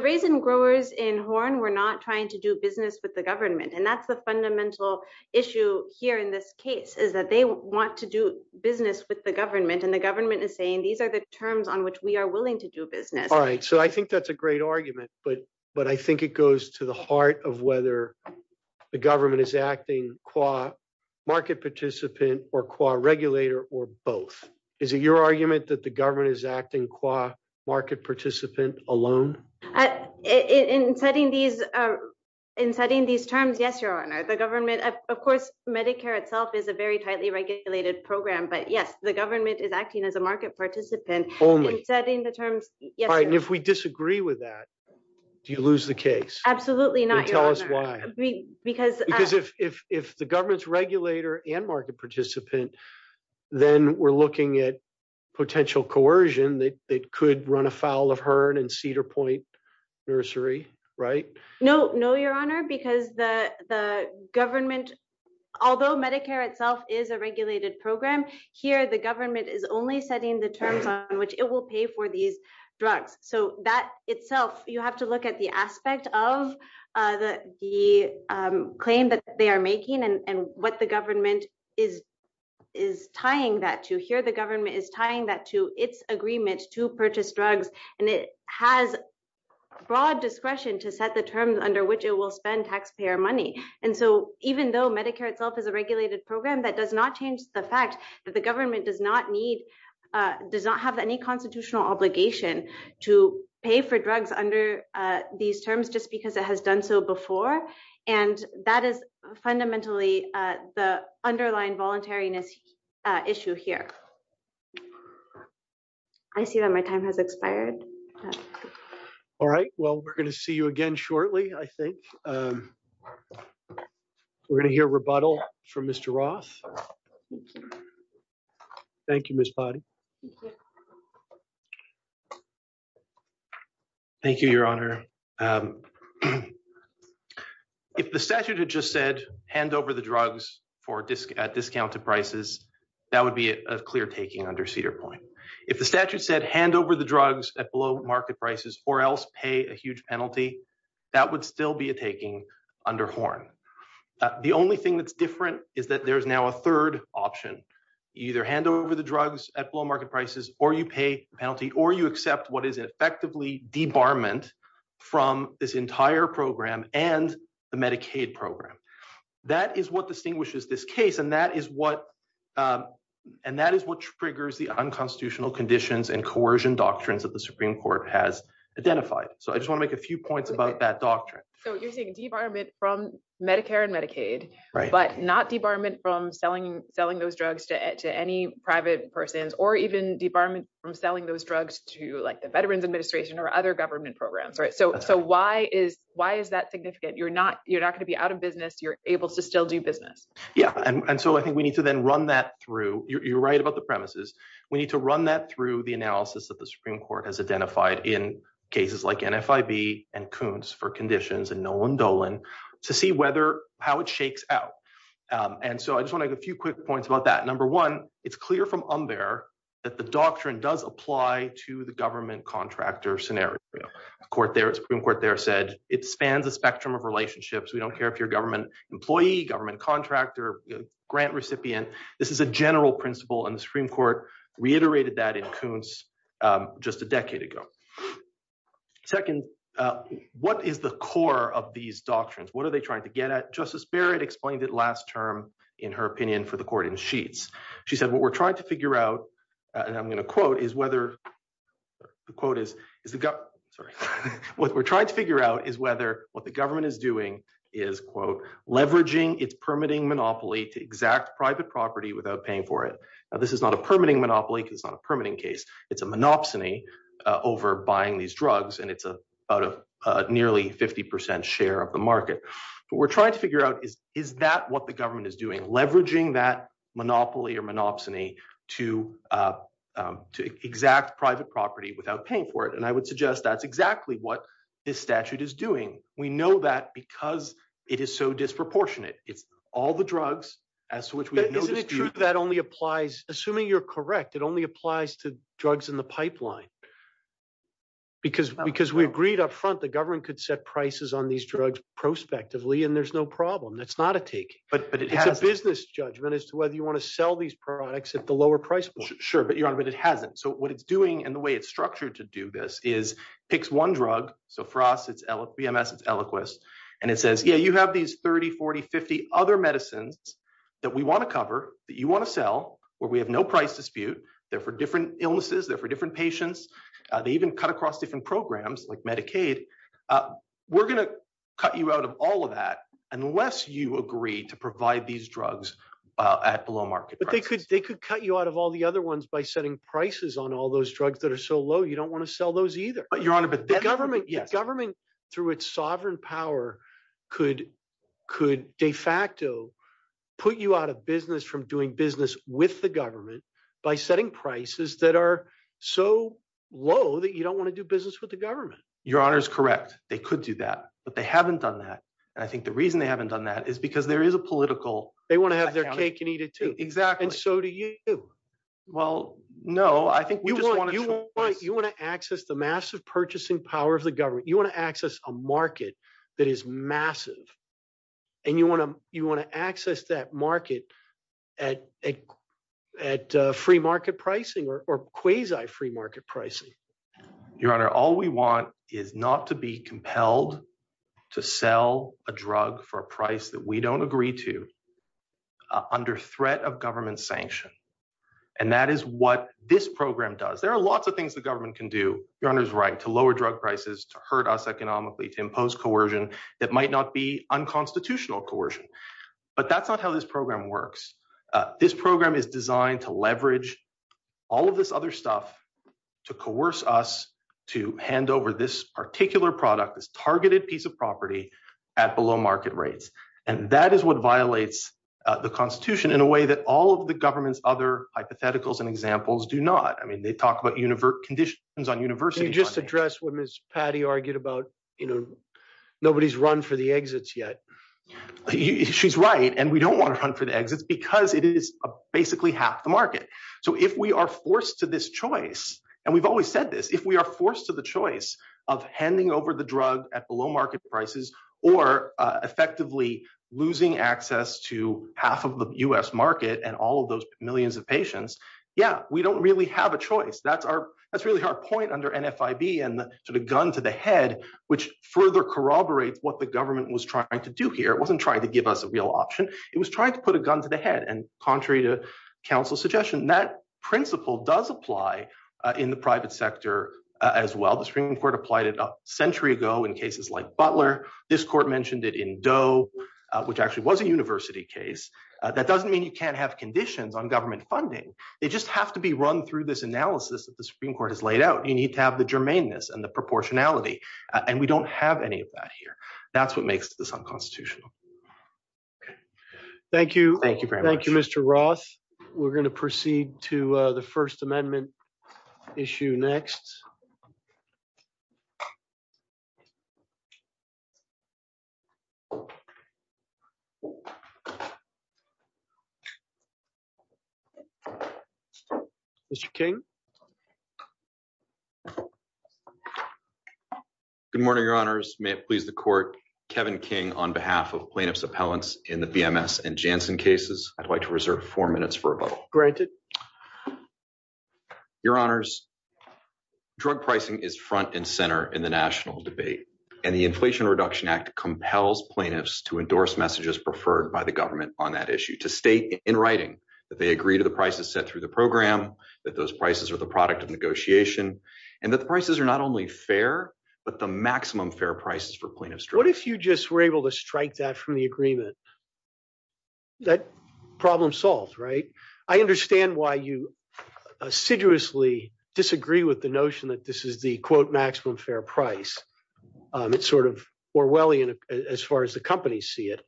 raisin growers in Horn were not trying to do business with the government. And that's the fundamental issue here in this case, is that they want to do business with the government. And the government is saying these are the terms on which we are willing to do business. All right. So I think that's a great argument. But I think it goes to the heart of whether the government is acting qua market participant or qua regulator or both. Is it your argument that the government is acting qua market participant alone? In setting these terms, yes, Your Honor. Of course, Medicare itself is a very tightly regulated program. But, yes, the government is acting as a market participant. If we disagree with that, do you lose the case? Absolutely not, Your Honor. Because if the government's regulator and market participant, then we're looking at potential coercion that could run afoul of Herne and Cedar Point Nursery, right? No, no, Your Honor, because the government, although Medicare itself is a regulated program, here the government is only setting the terms on which it will pay for these drugs. So that itself, you have to look at the aspect of the claim that they are making and what the government is tying that to. Here the government is tying that to its agreement to purchase drugs. And it has broad discretion to set the terms under which it will spend taxpayer money. And so even though Medicare itself is a regulated program, that does not change the fact that the government does not need, does not have any constitutional obligation to pay for drugs under these terms just because it has done so before. And that is fundamentally the underlying voluntariness issue here. I see that my time has expired. All right, well, we're going to see you again shortly, I think. We're going to hear rebuttal from Mr. Roth. Thank you, Miss. Thank you, Your Honor. If the statute had just said hand over the drugs for discounted prices, that would be a clear taking under Cedar Point. If the statute said hand over the drugs at low market prices or else pay a huge penalty, that would still be a taking under Horn. The only thing that's different is that there's now a third option, either hand over the drugs at low market prices or you pay penalty or you accept what is effectively debarment from this entire program and the Medicaid program. That is what distinguishes this case, and that is what and that is what triggers the unconstitutional conditions and coercion doctrines that the Supreme Court has identified. So I just want to make a few points about that doctrine. So you're saying debarment from Medicare and Medicaid, but not debarment from selling those drugs to any private persons or even debarment from selling those drugs to the Veterans Administration or other government programs. So why is that significant? You're not going to be out of business. You're able to still do business. Yeah, and so I think we need to then run that through. You're right about the premises. We need to run that through the analysis that the Supreme Court has identified in cases like NFIB and Coons for Conditions and Nolan Dolan to see how it shakes out. And so I just want to make a few quick points about that. Number one, it's clear from Unbear that the doctrine does apply to the government contractor scenario. The Supreme Court there said it spans a spectrum of relationships. We don't care if you're a government employee, government contractor, grant recipient. This is a general principle, and the Supreme Court reiterated that in Coons just a decade ago. Second, what is the core of these doctrines? What are they trying to get at? Justice Barrett explained it last term in her opinion for the court in sheets. She said what we're trying to figure out, and I'm going to quote, is whether the quote is, is it got what we're trying to figure out is whether what the government is doing is, quote, leveraging its permitting monopoly to exact private property without paying for it. This is not a permitting monopoly. It's not a permitting case. It's a monopsony over buying these drugs, and it's about a nearly 50% share of the market. But we're trying to figure out, is that what the government is doing, leveraging that monopoly or monopsony to exact private property without paying for it? And I would suggest that's exactly what this statute is doing. We know that because it is so disproportionate. It's all the drugs as to which we know that only applies. Assuming you're correct, it only applies to drugs in the pipeline. Because because we agreed up front, the government could set prices on these drugs prospectively, and there's no problem. That's not a take, but it had a business judgment as to whether you want to sell these products at the lower price. Sure, but it hasn't. So what it's doing and the way it's structured to do this is picks one drug. So for us, it's VMS, it's Eliquis. And it says, yeah, you have these 30, 40, 50 other medicines that we want to cover that you want to sell where we have no price dispute. They're for different illnesses. They're for different patients. They even cut across different programs like Medicaid. We're going to cut you out of all of that unless you agree to provide these drugs at the low market. But they could they could cut you out of all the other ones by setting prices on all those drugs that are so low you don't want to sell those either. Your Honor, the government, the government through its sovereign power could could de facto put you out of business from doing business with the government by setting prices that are so low that you don't want to do business with the government. Your Honor is correct. They could do that, but they haven't done that. I think the reason they haven't done that is because there is a political they want to have their cake and eat it, too. Exactly. So do you. Well, no, I think you want you want you want to access the massive purchasing power of the government. You want to access a market that is massive and you want to you want to access that market at a at free market pricing or quasi free market pricing. Your Honor, all we want is not to be compelled to sell a drug for a price that we don't agree to under threat of government sanction. And that is what this program does. There are lots of things the government can do. Your Honor's right to lower drug prices, to hurt us economically, to impose coercion that might not be unconstitutional coercion. But that's not how this program works. This program is designed to leverage all of this other stuff to coerce us to hand over this particular product is targeted piece of property at below market rates. And that is what violates the Constitution in a way that all of the government's other hypotheticals and examples do not. I mean, they talk about conditions on university just address what Miss Patty argued about. You know, nobody's run for the exits yet. She's right. And we don't want to run for the exits because it is basically half the market. So if we are forced to this choice, and we've always said this, if we are forced to the choice of handing over the drug at the low market prices or effectively losing access to half of the U.S. market and all of those millions of patients. Yeah, we don't really have a choice. That's really our point under NFIB and the gun to the head, which further corroborate what the government was trying to do here. It wasn't trying to give us a real option. It was trying to put a gun to the head. And contrary to counsel's suggestion, that principle does apply in the private sector as well. The Supreme Court applied it a century ago in cases like Butler. This court mentioned it in Doe, which actually was a university case. That doesn't mean you can't have conditions on government funding. It just has to be run through this analysis that the Supreme Court has laid out. You need to have the germaneness and the proportionality. And we don't have any of that here. That's what makes this unconstitutional. Thank you. Thank you, Mr. Ross. We're going to proceed to the First Amendment issue next. Mr. King. Good morning, Your Honors. May it please the court. Kevin King, on behalf of plaintiff's appellants in the VMS and Janssen cases, I'd like to reserve four minutes for a vote. Granted. Your Honors. Drug pricing is front and center in the national debate, and the Inflation Reduction Act compels plaintiffs to endorse messages preferred by the government on that issue to state in writing that they agree to the prices set through the program, that those prices are the product of negotiation and that the prices are not only fair, but the maximum fair prices for plaintiffs. What if you just were able to strike that from the agreement? That problem solved. Right. I understand why you assiduously disagree with the notion that this is the quote maximum fair price. It's sort of Orwellian as far as the companies see it.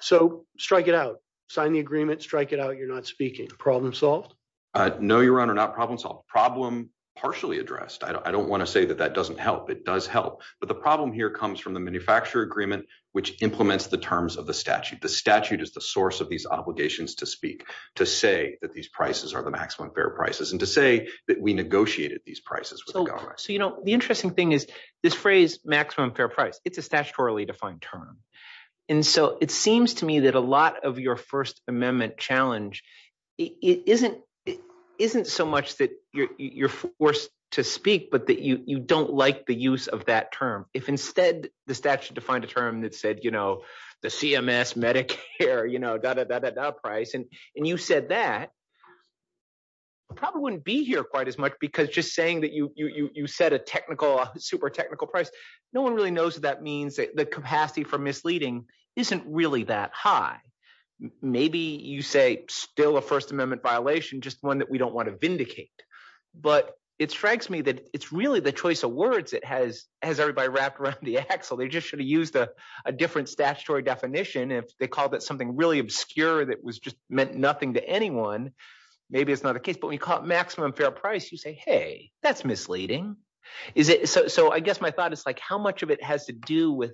So strike it out. Sign the agreement. Strike it out. You're not speaking. Problem solved. No, Your Honor, not problem solved. Problem partially addressed. I don't want to say that that doesn't help. It does help. But the problem here comes from the manufacturer agreement, which implements the terms of the statute. The statute is the source of these obligations to speak, to say that these prices are the maximum fair prices and to say that we negotiated these prices. So, you know, the interesting thing is this phrase maximum fair price. It's a statutorily defined term. And so it seems to me that a lot of your First Amendment challenge isn't so much that you're forced to speak, but that you don't like the use of that term. If instead the statute defined a term that said the CMS, Medicare, da-da-da-da-da price, and you said that, you probably wouldn't be here quite as much because just saying that you set a technical, super technical price. No one really knows what that means. The capacity for misleading isn't really that high. Maybe you say still a First Amendment violation, just one that we don't want to vindicate. But it strikes me that it's really the choice of words that has everybody wrapped around the axle. They just should have used a different statutory definition if they called it something really obscure that was just meant nothing to anyone. Maybe it's not the case, but when you call it maximum fair price, you say, hey, that's misleading. So I guess my thought is how much of it has to do with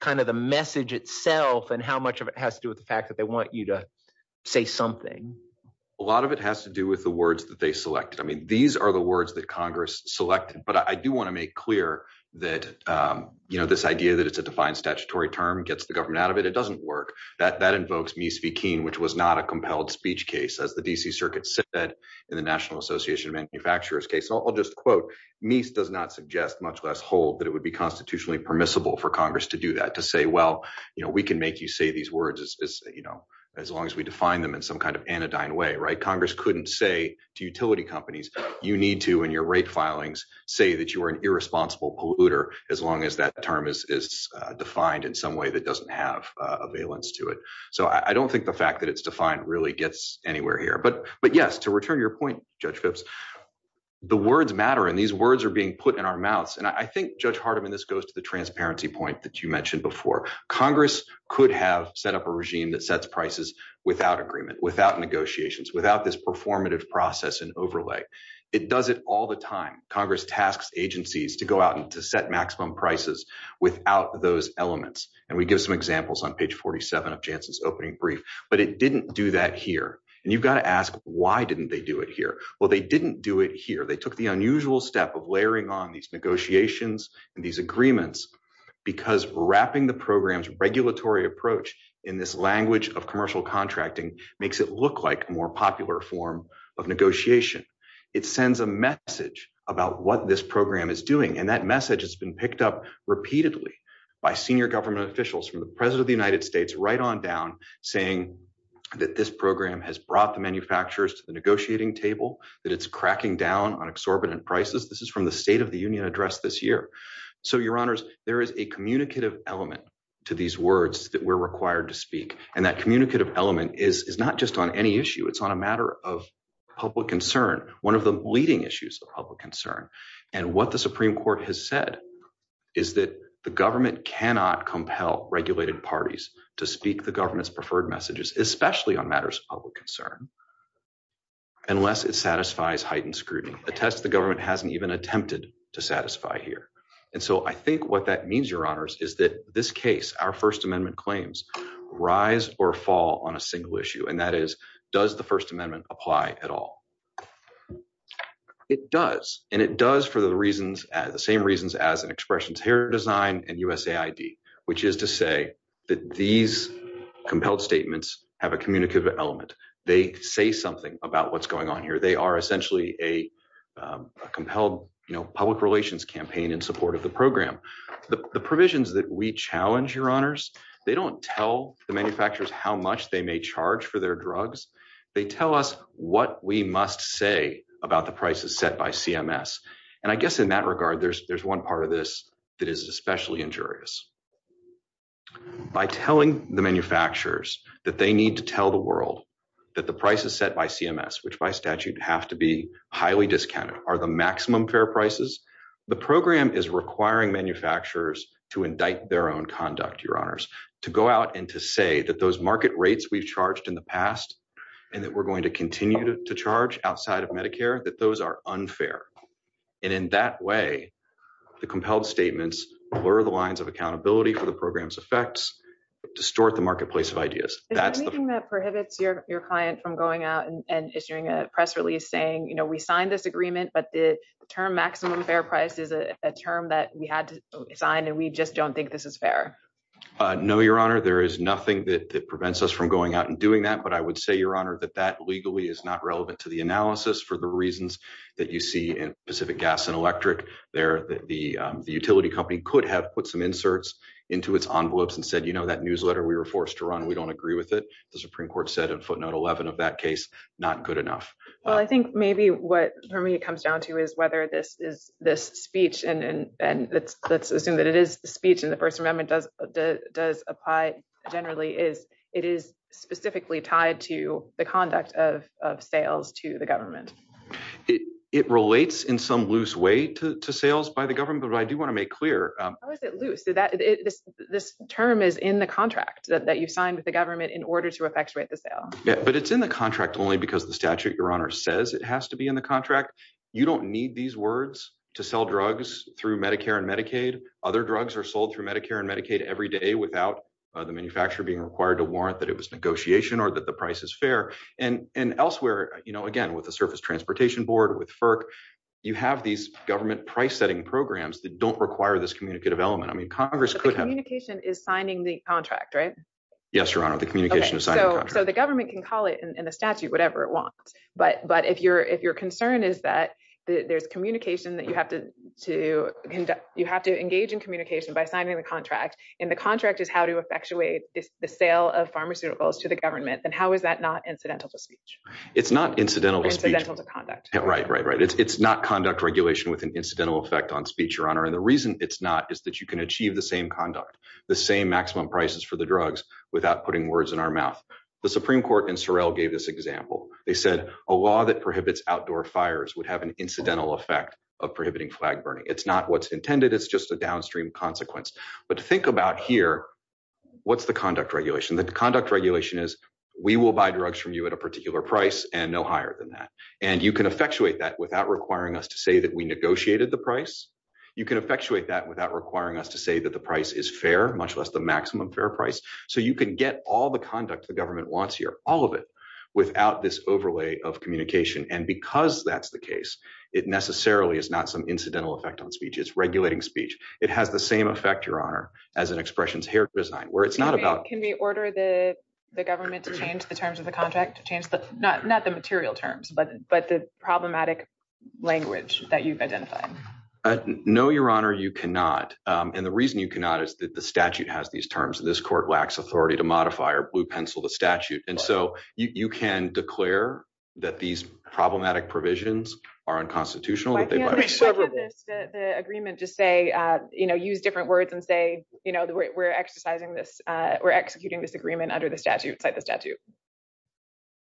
kind of the message itself and how much of it has to do with the fact that they want you to say something? A lot of it has to do with the words that they selected. I mean these are the words that Congress selected. But I do want to make clear that this idea that it's a defined statutory term gets the government out of it. It doesn't work. That invokes Meese v. Keene, which was not a compelled speech case, as the D.C. Circuit said in the National Association of Manufacturers case. I'll just quote Meese does not suggest, much less hold, that it would be constitutionally permissible for Congress to do that, to say, well, you know, we can make you say these words, you know, as long as we define them in some kind of anodyne way. Right. Congress couldn't say to utility companies, you need to in your rate filings say that you are an irresponsible polluter as long as that term is defined in some way that doesn't have a valence to it. So I don't think the fact that it's defined really gets anywhere here. But yes, to return your point, Judge Phipps, the words matter and these words are being put in our mouths. And I think, Judge Hardiman, this goes to the transparency point that you mentioned before. Congress could have set up a regime that sets prices without agreement, without negotiations, without this performative process and overlay. It does it all the time. Congress tasks agencies to go out and to set maximum prices without those elements. And we give some examples on page 47 of JANSA's opening brief, but it didn't do that here. And you've got to ask, why didn't they do it here? Well, they didn't do it here. They took the unusual step of layering on these negotiations and these agreements because wrapping the program's regulatory approach in this language of commercial contracting makes it look like a more popular form of negotiation. It sends a message about what this program is doing. And that message has been picked up repeatedly by senior government officials from the president of the United States right on down, saying that this program has brought the manufacturers to the negotiating table, that it's cracking down on exorbitant prices. This is from the State of the Union address this year. So, Your Honors, there is a communicative element to these words that we're required to speak. And that communicative element is not just on any issue. It's on a matter of public concern, one of the leading issues of public concern. And what the Supreme Court has said is that the government cannot compel regulated parties to speak the government's preferred messages, especially on matters of public concern, unless it satisfies heightened scrutiny. A test the government hasn't even attempted to satisfy here. And so I think what that means, Your Honors, is that this case, our First Amendment claims, rise or fall on a single issue, and that is, does the First Amendment apply at all? It does, and it does for the reasons, the same reasons as an expressions here design and USAID, which is to say that these compelled statements have a communicative element. They say something about what's going on here. They are essentially a compelled public relations campaign in support of the program. The provisions that we challenge, Your Honors, they don't tell the manufacturers how much they may charge for their drugs. They tell us what we must say about the prices set by CMS. And I guess in that regard, there's one part of this that is especially injurious. By telling the manufacturers that they need to tell the world that the prices set by CMS, which by statute have to be highly discounted, are the maximum fair prices. The program is requiring manufacturers to indict their own conduct, Your Honors, to go out and to say that those market rates we've charged in the past and that we're going to continue to charge outside of Medicare, that those are unfair. And in that way, the compelled statements blur the lines of accountability for the program's effects, distort the marketplace of ideas. Is there anything that prohibits your client from going out and issuing a press release saying, you know, we signed this agreement, but the term maximum fair price is a term that we had to sign and we just don't think this is fair? No, Your Honor. There is nothing that prevents us from going out and doing that. But I would say, Your Honor, that that legally is not relevant to the analysis for the reasons that you see in Pacific Gas and Electric. The utility company could have put some inserts into its envelopes and said, you know, that newsletter we were forced to run, we don't agree with it. The Supreme Court said in footnote 11 of that case, not good enough. Well, I think maybe what comes down to is whether this is this speech and let's assume that it is speech and the First Amendment does apply generally is it is specifically tied to the conduct of sales to the government. It relates in some loose way to sales by the government, but I do want to make clear. How is it loose? This term is in the contract that you signed with the government in order to effectuate the sale. But it's in the contract only because the statute, Your Honor, says it has to be in the contract. You don't need these words to sell drugs through Medicare and Medicaid. Other drugs are sold through Medicare and Medicaid every day without the manufacturer being required to warrant that it was negotiation or that the price is fair. And elsewhere, you know, again, with the Surface Transportation Board, with FERC, you have these government price setting programs that don't require this communicative element. I mean, Congress could have communication is signing the contract, right? Yes, Your Honor. The communication is signed. So the government can call it in the statute, whatever it wants. But but if you're if your concern is that there's communication that you have to do, you have to engage in communication by signing the contract. And the contract is how to effectuate the sale of pharmaceuticals to the government. And how is that not incidental to speech? It's not incidental to conduct. Right, right, right. It's not conduct regulation with an incidental effect on speech, Your Honor. And the reason it's not is that you can achieve the same conduct, the same maximum prices for the drugs without putting words in our mouth. The Supreme Court and Sorrell gave this example. They said a law that prohibits outdoor fires would have an incidental effect of prohibiting flag burning. It's not what's intended. It's just a downstream consequence. But to think about here, what's the conduct regulation? The conduct regulation is we will buy drugs from you at a particular price and no higher than that. And you can effectuate that without requiring us to say that we negotiated the price. You can effectuate that without requiring us to say that the price is fair, much less the maximum fair price. So you can get all the conduct the government wants here, all of it, without this overlay of communication. And because that's the case, it necessarily is not some incidental effect on speech. It's regulating speech. It has the same effect, Your Honor, as an expressions hair design where it's not about. Can we order the government to change the terms of the contract to change, but not the material terms, but the problematic language that you've identified? No, Your Honor, you cannot. And the reason you cannot is that the statute has these terms. And this court lacks authority to modify or blue pencil the statute. And so you can declare that these problematic provisions are unconstitutional. The agreement just say, you know, use different words and say, you know, we're exercising this. We're executing this agreement under the statute type of statute.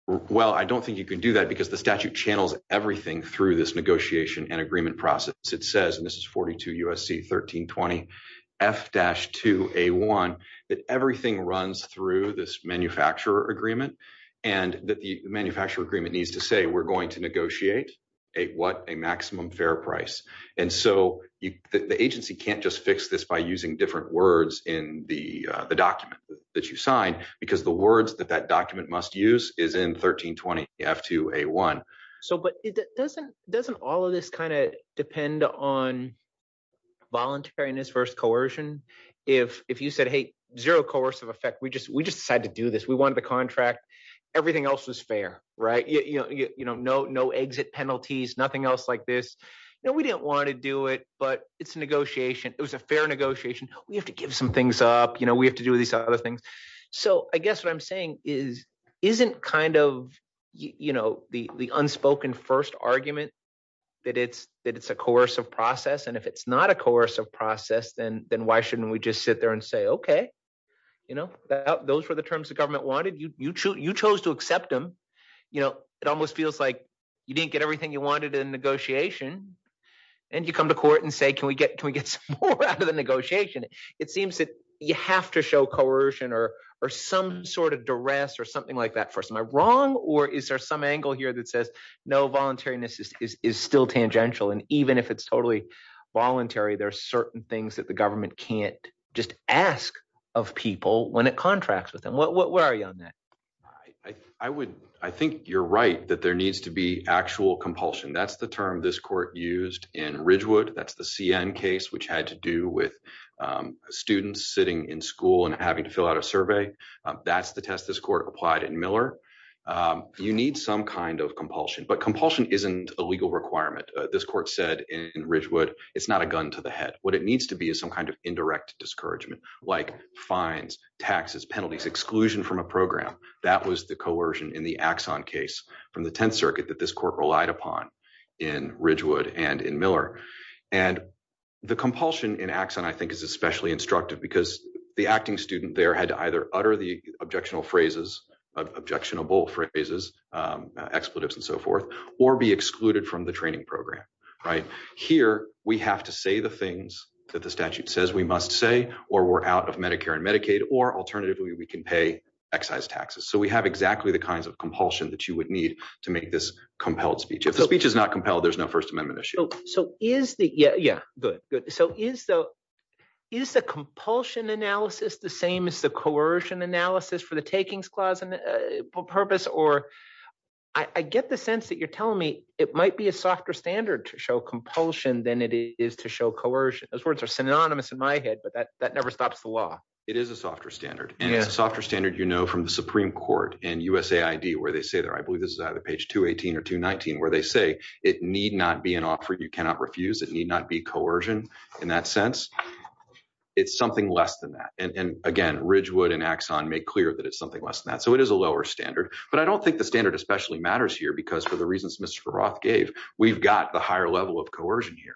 Well, I don't think you can do that because the statute channels everything through this negotiation and agreement process. It says this is 42 U.S.C. 1320 F dash to a one that everything runs through this manufacturer agreement and that the manufacturer agreement needs to say we're going to negotiate a what a maximum fair price. And so the agency can't just fix this by using different words in the document that you sign, because the words that that document must use is in 1320 F to a one. So but it doesn't doesn't all of this kind of depend on voluntariness versus coercion. If if you said, hey, zero course of effect, we just we just had to do this. We wanted the contract. Everything else was fair. Right. You know, no, no exit penalties, nothing else like this. We didn't want to do it, but it's a negotiation. It was a fair negotiation. We have to give some things up. You know, we have to do these other things. So I guess what I'm saying is isn't kind of, you know, the unspoken first argument that it's that it's a course of process. And if it's not a course of process, then then why shouldn't we just sit there and say, OK, you know, those are the terms the government wanted. You choose you chose to accept them. You know, it almost feels like you didn't get everything you wanted in negotiation. And you come to court and say, can we get can we get out of the negotiation? It seems that you have to show coercion or or some sort of duress or something like that. Am I wrong or is there some angle here that says no voluntariness is still tangential. And even if it's totally voluntary, there are certain things that the government can't just ask of people when it contracts with them. What are you on that? I would I think you're right that there needs to be actual compulsion. That's the term this court used in Ridgewood. That's the CN case, which had to do with students sitting in school and having to fill out a survey. That's the test. This court applied in Miller. You need some kind of compulsion, but compulsion isn't a legal requirement. This court said in Ridgewood, it's not a gun to the head. What it needs to be is some kind of indirect discouragement like fines, taxes, penalties, exclusion from a program. That was the coercion in the Axon case from the 10th Circuit that this court relied upon in Ridgewood and in Miller. And the compulsion in action, I think, is especially instructive because the acting student there had to either utter the objectionable phrases, expletives and so forth, or be excluded from the training program. Here we have to say the things that the statute says we must say, or we're out of Medicare and Medicaid, or alternatively, we can pay excise taxes. So we have exactly the kinds of compulsion that you would need to make this compelled speech. If the speech is not compelled, there's no First Amendment issue. So is the – yeah, good, good. So is the compulsion analysis the same as the coercion analysis for the takings clause for purpose? Or I get the sense that you're telling me it might be a softer standard to show compulsion than it is to show coercion. Those words are synonymous in my head, but that never stops the law. It is a softer standard, and a softer standard you know from the Supreme Court and USAID where they say – I believe this is either page 218 or 219 – where they say it need not be an offer you cannot refuse. It need not be coercion in that sense. It's something less than that. And again, Ridgewood and Axon make clear that it's something less than that. So it is a lower standard. But I don't think the standard especially matters here because for the reasons Mr. Roth gave, we've got the higher level of coercion here.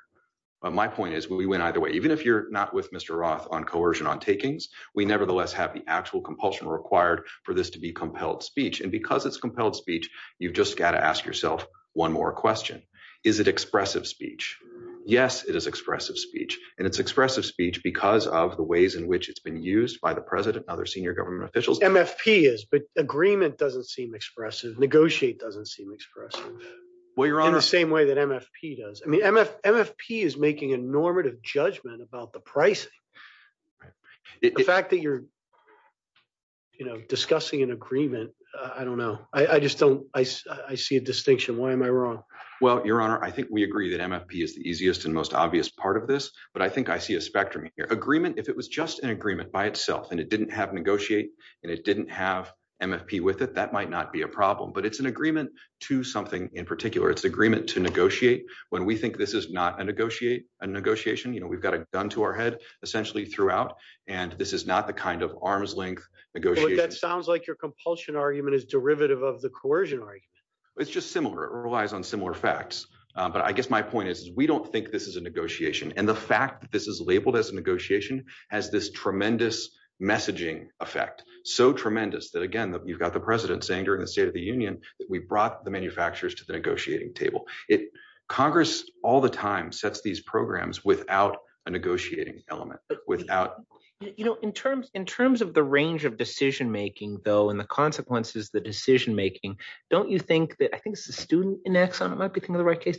My point is we win either way. Even if you're not with Mr. Roth on coercion on takings, we nevertheless have the actual compulsion required for this to be compelled speech. And because it's compelled speech, you've just got to ask yourself one more question. Is it expressive speech? Yes, it is expressive speech. And it's expressive speech because of the ways in which it's been used by the president and other senior government officials. MFP is, but agreement doesn't seem expressive. Negotiate doesn't seem expressive in the same way that MFP does. I mean MFP is making a normative judgment about the pricing. The fact that you're discussing an agreement, I don't know. I just don't. I see a distinction. Why am I wrong? Well, Your Honor, I think we agree that MFP is the easiest and most obvious part of this. But I think I see a spectrum here. Agreement, if it was just an agreement by itself and it didn't have negotiate and it didn't have MFP with it, that might not be a problem. But it's an agreement to something in particular. It's an agreement to negotiate. When we think this is not a negotiation, we've got it down to our head essentially throughout. And this is not the kind of arm's length negotiation. That sounds like your compulsion argument is derivative of the coercion right. It's just similar. It relies on similar facts. But I guess my point is we don't think this is a negotiation. And the fact that this is labeled as a negotiation has this tremendous messaging effect. So tremendous that, again, you've got the president saying during the State of the Union that we brought the manufacturers to the negotiating table. Congress all the time sets these programs without a negotiating element, without. You know, in terms in terms of the range of decision making, though, and the consequences, the decision making. Don't you think that I think the student in Exxon might be the right case?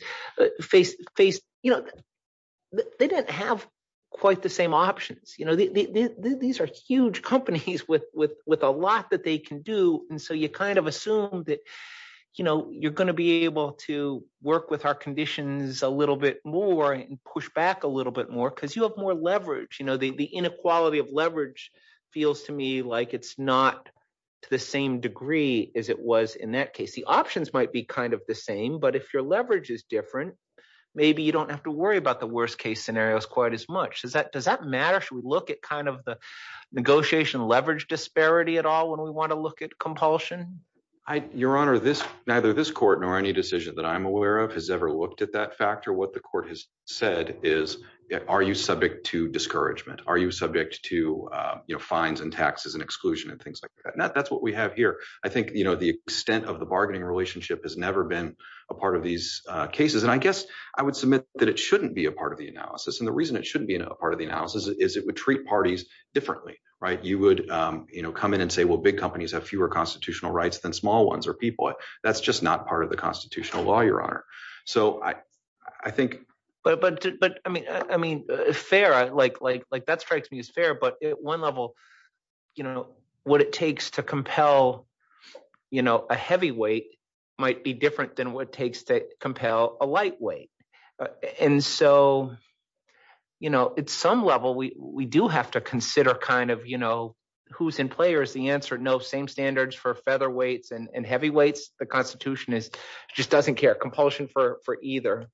You know, they didn't have quite the same options. You know, these are huge companies with with with a lot that they can do. And so you kind of assume that, you know, you're going to be able to work with our conditions a little bit more and push back a little bit more because you have more leverage. You know, the inequality of leverage feels to me like it's not the same degree as it was in that case. The options might be kind of the same, but if your leverage is different, maybe you don't have to worry about the worst case scenarios quite as much. Is that does that matter? Should we look at kind of the negotiation leverage disparity at all when we want to look at compulsion? Your Honor, this neither this court nor any decision that I'm aware of has ever looked at that factor. What the court has said is, are you subject to discouragement? Are you subject to fines and taxes and exclusion and things like that? That's what we have here. I think, you know, the extent of the bargaining relationship has never been a part of these cases. And I guess I would submit that it shouldn't be a part of the analysis. And the reason it shouldn't be a part of the analysis is it would treat parties differently. You would come in and say, well, big companies have fewer constitutional rights than small ones or people. That's just not part of the constitutional law, Your Honor. So I think. But I mean, I mean, fair like like like that strikes me as fair. But at one level, you know what it takes to compel, you know, a heavyweight might be different than what it takes to compel a lightweight. And so, you know, at some level, we do have to consider kind of, you know, who's in play or is the answer no. Same standards for featherweights and heavyweights. The Constitution is just doesn't care compulsion for for either.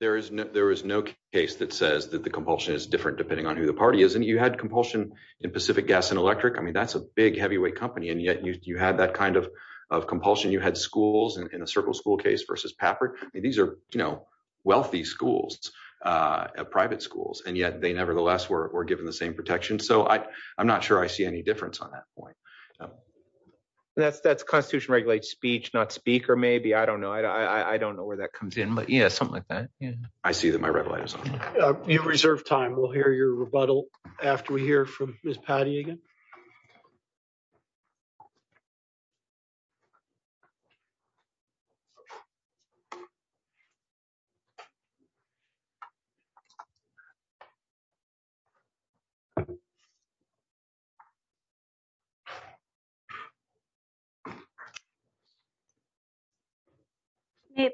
There is no there is no case that says that the compulsion is different depending on who the party is. And you had compulsion in Pacific Gas and Electric. I mean, that's a big heavyweight company. And yet you had that kind of of compulsion. You had schools in a circle school case versus PAPR. These are, you know, wealthy schools, private schools. And yet they nevertheless were given the same protection. So I'm not sure I see any difference on that point. That's that's Constitution regulates speech, not speak. Or maybe I don't know. I don't know where that comes in. But, you know, something like that. I see that my relatives in reserve time will hear your rebuttal after we hear from Patty again.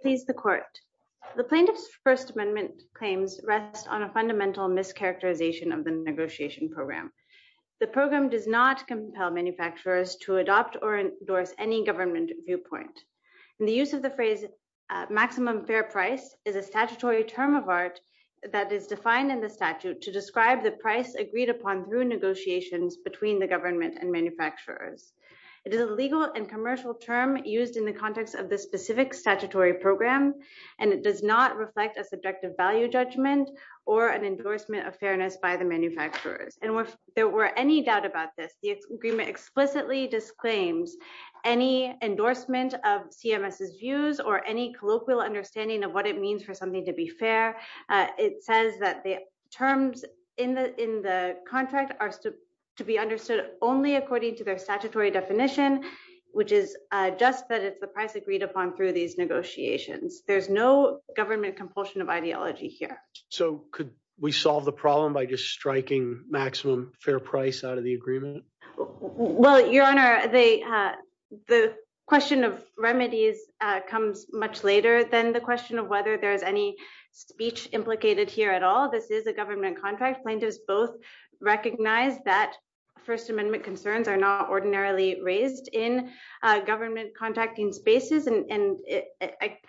Please, the court. The plaintiff's First Amendment claims rest on a fundamental mischaracterization of the negotiation program. The program does not compel manufacturers to adopt or endorse any government viewpoint. The use of the phrase maximum fair price is a statutory term of art that is defined in the statute to describe the price agreed upon through negotiations between the government and manufacturers. It is a legal and commercial term used in the context of the specific statutory program, and it does not reflect a subjective value judgment or an endorsement of fairness by the manufacturers. And if there were any doubt about this, the agreement explicitly disclaims any endorsement of CMS's views or any colloquial understanding of what it means for something to be fair. It says that the terms in the in the contract are to be understood only according to their statutory definition, which is just that it's the price agreed upon through these negotiations. There's no government compulsion of ideology here. So could we solve the problem by just striking maximum fair price out of the agreement? Well, Your Honor, the question of remedies comes much later than the question of whether there's any speech implicated here at all. This is a government contract. Plaintiffs both recognize that First Amendment concerns are not ordinarily raised in government contracting spaces. And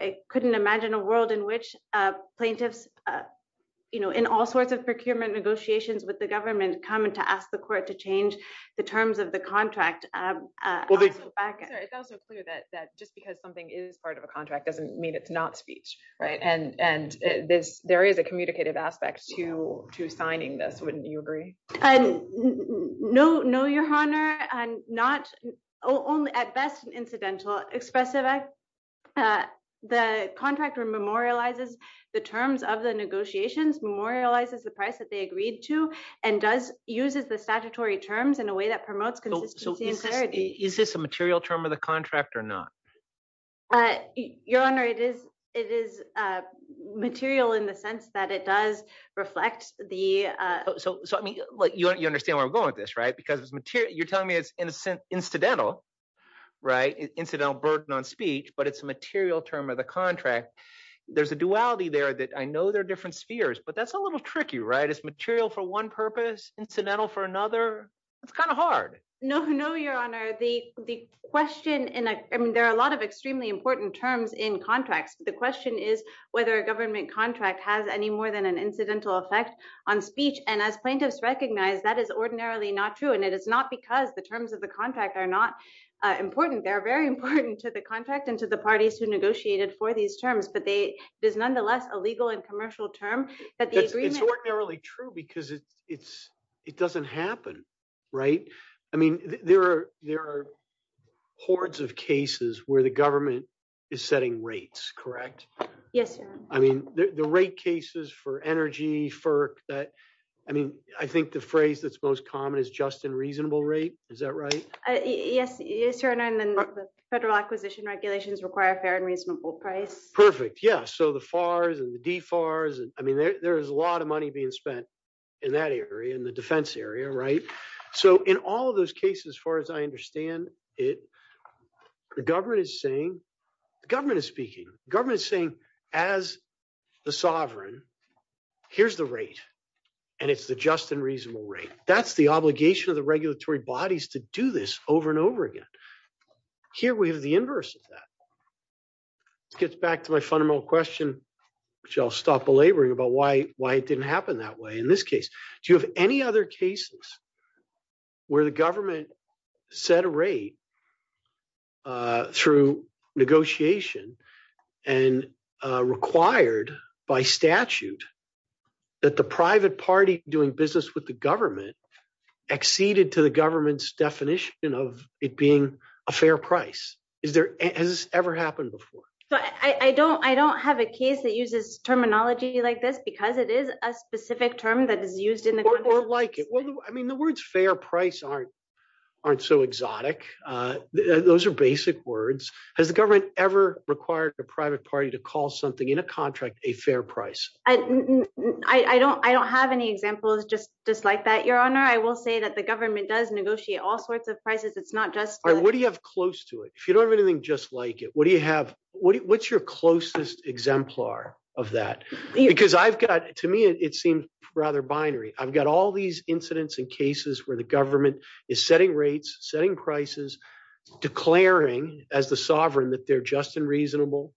I couldn't imagine a world in which plaintiffs, you know, in all sorts of procurement negotiations with the government, come in to ask the court to change the terms of the contract. It's also clear that just because something is part of a contract doesn't mean it's not speech, right? And there is a communicative aspect to signing this. Wouldn't you agree? No, no, Your Honor. I'm not only at best an incidental expressiveness. The contractor memorializes the terms of the negotiations, memorializes the price that they agreed to and does uses the statutory terms in a way that promotes consistency and clarity. Is this a material term of the contract or not? Your Honor, it is. It is material in the sense that it does reflect the. So you understand where I'm going with this, right? Because you're telling me it's incidental, right? Incidental burden on speech, but it's a material term of the contract. There's a duality there that I know there are different spheres, but that's a little tricky, right? It's material for one purpose, incidental for another. It's kind of hard. No, no, Your Honor. The question and there are a lot of extremely important terms in contracts. The question is whether a government contract has any more than an incidental effect on speech. And as plaintiffs recognize, that is ordinarily not true. And it is not because the terms of the contract are not important. They are very important to the contract and to the parties who negotiated for these terms. But they is nonetheless a legal and commercial term. It's ordinarily true because it's it doesn't happen, right? I mean, there are there are hordes of cases where the government is setting rates, correct? Yes. I mean, the rate cases for energy for that. I mean, I think the phrase that's most common is just a reasonable rate. Is that right? Yes, Your Honor. Federal acquisition regulations require a fair and reasonable price. Perfect. Yes. So the FARs and the DEFARs. I mean, there is a lot of money being spent in that area in the defense area. Right. So in all of those cases, as far as I understand it, the government is saying the government is speaking. Government is saying as the sovereign, here's the rate and it's the just and reasonable rate. That's the obligation of the regulatory bodies to do this over and over again. Here we have the inverse of that. Gets back to my fundamental question, which I'll stop belaboring about why, why it didn't happen that way. In this case, do you have any other cases where the government set a rate? Through negotiation and required by statute. That the private party doing business with the government acceded to the government's definition of it being a fair price. Is there ever happened before? I don't I don't have a case that uses terminology like this because it is a specific term that is used in the court like it. I mean, the words fair price aren't aren't so exotic. Those are basic words. Has the government ever required the private party to call something in a contract a fair price? I don't I don't have any examples just just like that, Your Honor. I will say that the government does negotiate all sorts of prices. It's not just. What do you have close to it? If you don't have anything just like it, what do you have? What's your closest exemplar of that? Because I've got to me, it seems rather binary. I've got all these incidents and cases where the government is setting rates, setting prices, declaring as the sovereign that they're just and reasonable.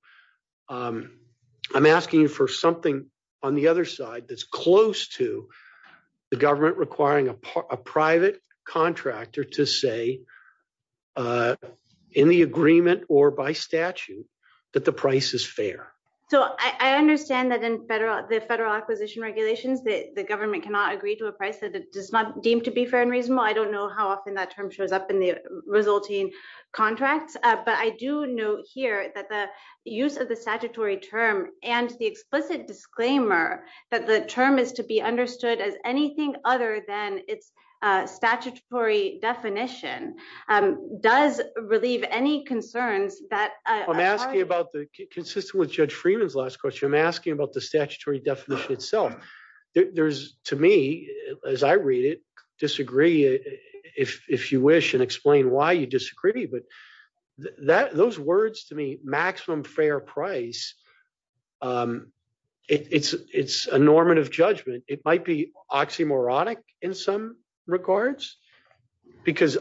I'm asking for something on the other side that's close to the government requiring a private contractor to say in the agreement or by statute that the price is fair. So I understand that in federal, the federal acquisition regulations, that the government cannot agree to a price that it does not deem to be fair and reasonable. I don't know how often that term shows up in the resulting contracts, but I do know here that the use of the statutory term and the explicit disclaimer that the term is to be understood as anything other than its statutory definition does relieve any concerns. I'm asking about the consistent with Judge Freeman's last question. I'm asking about the statutory definition itself. There's to me, as I read it, disagree if you wish and explain why you disagree. But those words to me, maximum fair price, it's a normative judgment. It might be oxymoronic in some regards, because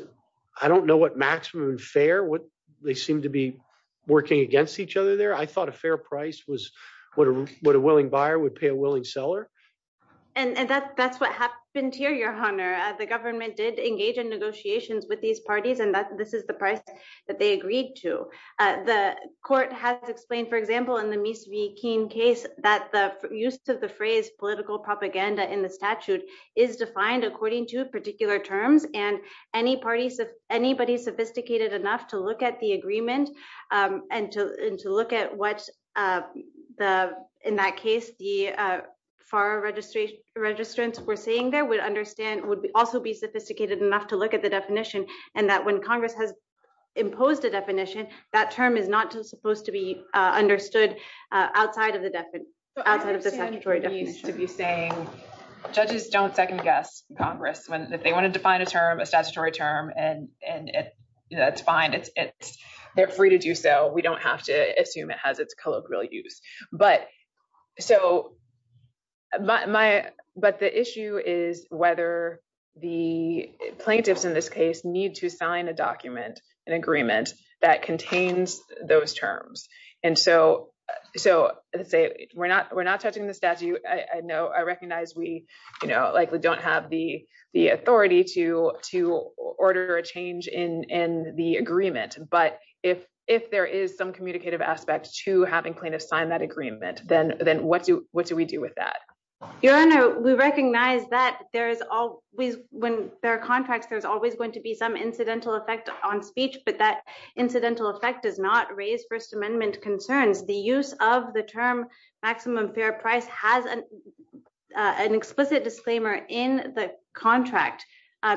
I don't know what maximum fair, what they seem to be working against each other there. I thought a fair price was what a willing buyer would pay a willing seller. And that's what happened here, Your Honor. The government did engage in negotiations with these parties, and this is the price that they agreed to. The court has explained, for example, in the Meese v. King case, that the use of the phrase political propaganda in the statute is defined according to particular terms. And anybody sophisticated enough to look at the agreement and to look at what, in that case, the FAR registrants were saying there would also be sophisticated enough to look at the definition. And that when Congress has imposed a definition, that term is not supposed to be understood outside of the statutory definition. Judges don't second guess Congress. If they want to define a term, a statutory term, that's fine. They're free to do so. We don't have to assume it has its colloquial use. But the issue is whether the plaintiffs in this case need to sign a document, an agreement, that contains those terms. And so we're not touching the statute. I recognize we don't have the authority to order a change in the agreement. But if there is some communicative aspect to having plaintiffs sign that agreement, then what do we do with that? Your Honor, we recognize that when there are contracts, there's always going to be some incidental effect on speech, but that incidental effect does not raise First Amendment concerns. The use of the term maximum fair price has an explicit disclaimer in the contract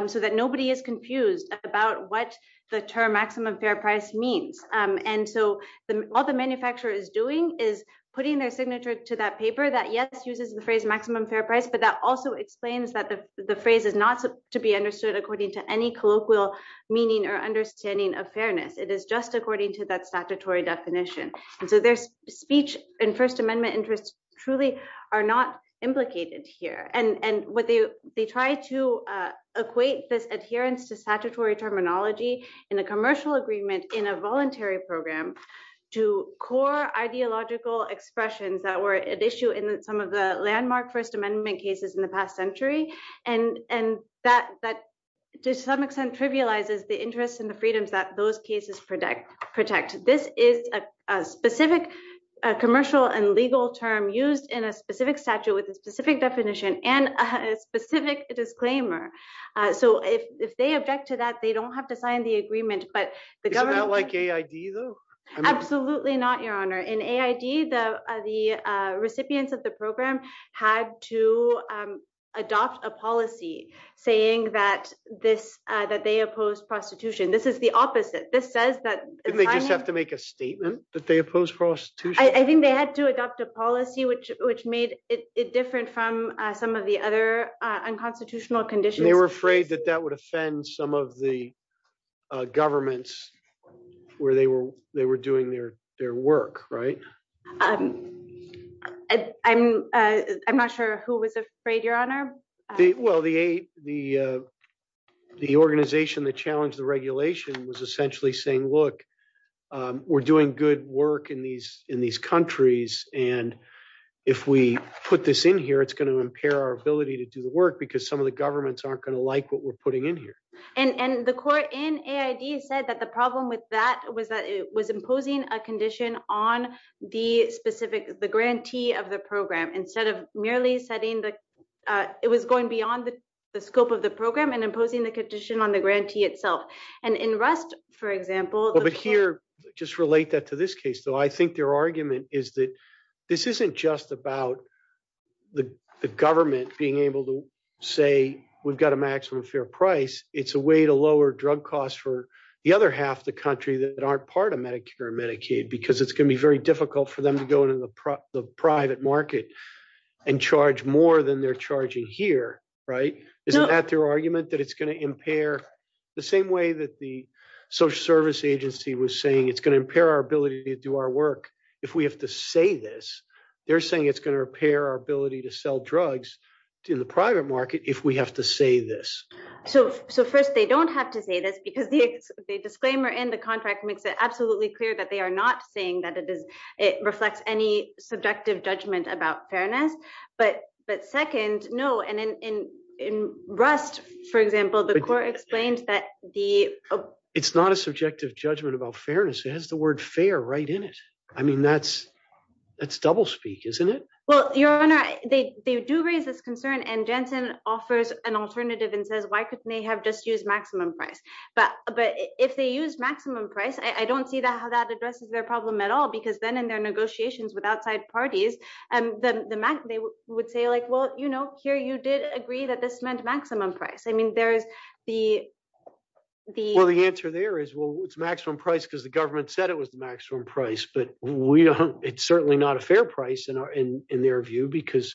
so that nobody is confused about what the term maximum fair price means. And so all the manufacturer is doing is putting their signature to that paper that, yes, uses the phrase maximum fair price, but that also explains that the phrase is not to be understood according to any colloquial meaning or understanding of fairness. It is just according to that statutory definition. So their speech and First Amendment interests truly are not implicated here. And they try to equate this adherence to statutory terminology in a commercial agreement in a voluntary program to core ideological expressions that were at issue in some of the landmark First Amendment cases in the past century. And that to some extent trivializes the interests and the freedoms that those cases protect. This is a specific commercial and legal term used in a specific statute with a specific definition and a specific disclaimer. So if they object to that, they don't have to sign the agreement, but the government... Is it not like AID though? Absolutely not, Your Honor. In AID, the recipients of the program had to adopt a policy saying that they oppose prostitution. This is the opposite. This says that... Didn't they just have to make a statement that they oppose prostitution? I think they had to adopt a policy which made it different from some of the other unconstitutional conditions. They were afraid that that would offend some of the governments where they were doing their work, right? I'm not sure who was afraid, Your Honor. Well, the organization that challenged the regulation was essentially saying, look, we're doing good work in these countries, and if we put this in here, it's going to impair our ability to do the work because some of the governments aren't going to like what we're putting in here. And the court in AID said that the problem with that was that it was imposing a condition on the grantee of the program instead of merely setting the... It was going beyond the scope of the program and imposing the condition on the grantee itself. And in Rust, for example... But here, just relate that to this case, though. I think their argument is that this isn't just about the government being able to say we've got a maximum fair price. It's a way to lower drug costs for the other half of the country that aren't part of Medicare and Medicaid because it's going to be very difficult for them to go into the private market and charge more than they're charging here, right? Is that their argument, that it's going to impair... The same way that the social service agency was saying it's going to impair our ability to do our work if we have to say this, they're saying it's going to impair our ability to sell drugs in the private market if we have to say this. So first, they don't have to say this because the disclaimer in the contract makes it absolutely clear that they are not saying that it reflects any subjective judgment about fairness. But second, no, and in Rust, for example, the court explained that the... It's not a subjective judgment about fairness. It has the word fair right in it. I mean, that's doublespeak, isn't it? Well, Your Honor, they do raise this concern and Janssen offers an alternative and says, why couldn't they have just used maximum price? But if they use maximum price, I don't see how that addresses their problem at all because then in their negotiations with outside parties, they would say like, well, you know, here you did agree that this meant maximum price. I mean, there's the... Well, the answer there is, well, it's maximum price because the government said it was maximum price, but it's certainly not a fair price in their view because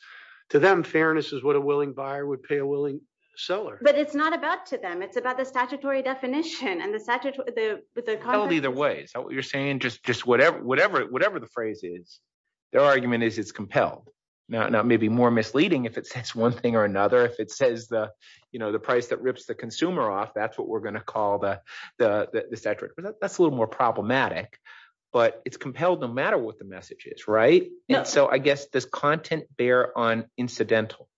to them, fairness is what a willing buyer would pay a willing seller. But it's not about to them. It's about the statutory definition and the... Well, either way. You're saying just whatever the phrase is, their argument is it's compelled. Now, it may be more misleading if it says one thing or another. If it says the price that rips the consumer off, that's what we're going to call the statute. That's a little more problematic, but it's compelled no matter what the message is, right? So I guess does content bear on incidental?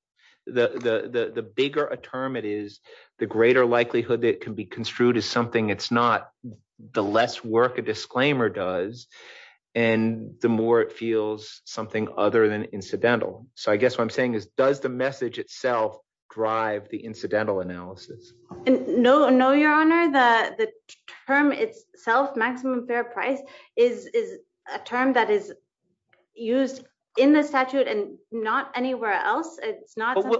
The bigger a term it is, the greater likelihood that it can be construed as something it's not. The less work a disclaimer does and the more it feels something other than incidental. So I guess what I'm saying is does the message itself drive the incidental analysis? No, Your Honor. The term itself, maximum fair price, is a term that is used in the statute and not anywhere else. It's not something that…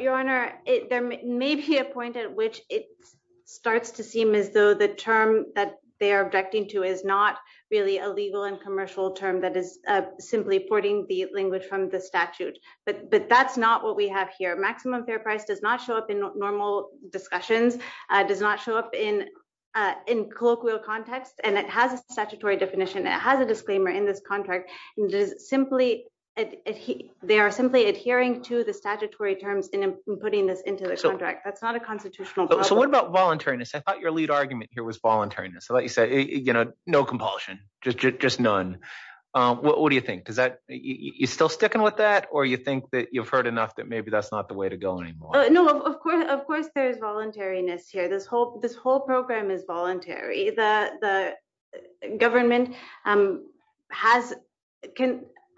Your Honor, there may be a point at which it starts to seem as though the term that they are objecting to is not really a legal and commercial term that is simply porting the language from the statute, but that's not what we have here. The term maximum fair price does not show up in normal discussions, does not show up in colloquial context, and it has a statutory definition. It has a disclaimer in this contract. They are simply adhering to the statutory terms in putting this into the contract. That's not a constitutional… So what about voluntariness? I thought your lead argument here was voluntariness. Like you said, no compulsion, just none. What do you think? You still sticking with that, or you think that you've heard enough that maybe that's not the way to go anymore? No, of course there is voluntariness here. This whole program is voluntary. The government can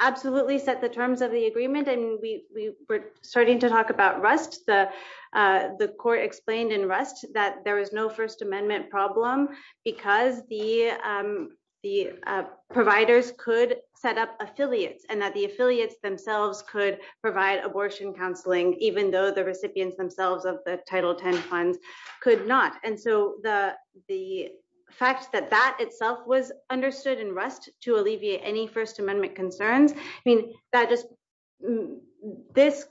absolutely set the terms of the agreement, and we were starting to talk about Rust. The court explained in Rust that there is no First Amendment problem because the providers could set up affiliates and that the affiliates themselves could provide abortion counseling, even though the recipients themselves of the Title X funds could not. And so the fact that that itself was understood in Rust to alleviate any First Amendment concerns means that this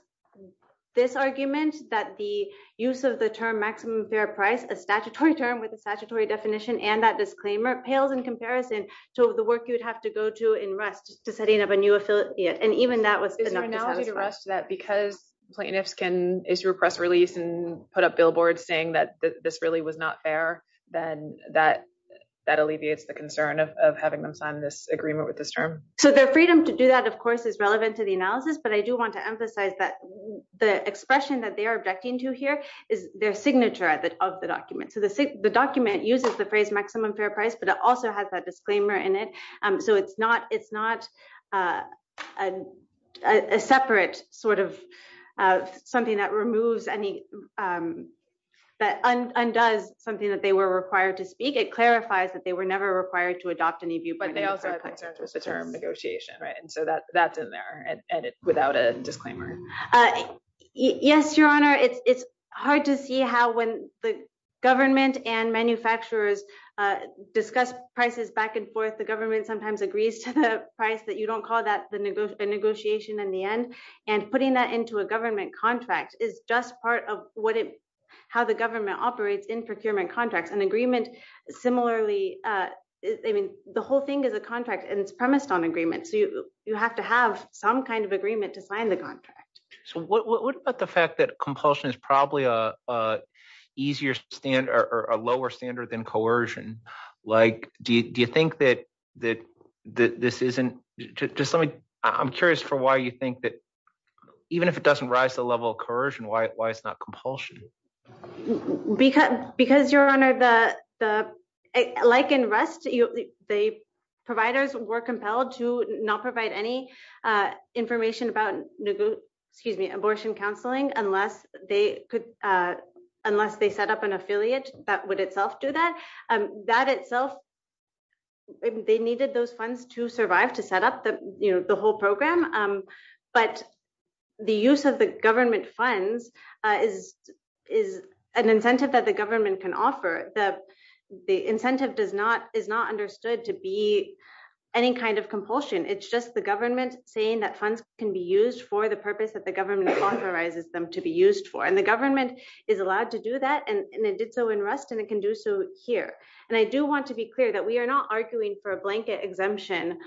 argument that the use of the term maximum fair price, a statutory term with a statutory definition, and that disclaimer pales in comparison to the work you would have to go to in Rust to set up a new affiliate. And even that was… Is there an analogy to Rust that because plaintiffs can issue a press release and put up billboards saying that this really was not fair, then that alleviates the concern of having them sign this agreement with this term? So their freedom to do that, of course, is relevant to the analysis, but I do want to emphasize that the expression that they are objecting to here is their signature of the document. So the document uses the phrase maximum fair price, but it also has that disclaimer in it. So it's not a separate sort of something that removes any… that undoes something that they were required to speak. It clarifies that they were never required to adopt any viewpoints. But they also have the term negotiation, right? So that's in there, and it's without a disclaimer. Yes, Your Honor. It's hard to see how when the government and manufacturers discuss prices back and forth, the government sometimes agrees to the price that you don't call that the negotiation in the end, and putting that into a government contract is just part of how the government operates in procurement contracts. Similarly, the whole thing is a contract, and it's premised on agreement, so you have to have some kind of agreement to sign the contract. So what about the fact that compulsion is probably a lower standard than coercion? Do you think that this isn't… I'm curious for why you think that even if it doesn't rise to the level of coercion, why it's not compulsion? Because, Your Honor, like in REST, the providers were compelled to not provide any information about abortion counseling unless they set up an affiliate that would itself do that. They needed those funds to survive to set up the whole program, but the use of the government funds is an incentive that the government can offer. The incentive is not understood to be any kind of compulsion. It's just the government saying that funds can be used for the purpose that the government authorizes them to be used for. And the government is allowed to do that, and it did so in REST, and it can do so here. And I do want to be clear that we are not arguing for a blanket exemption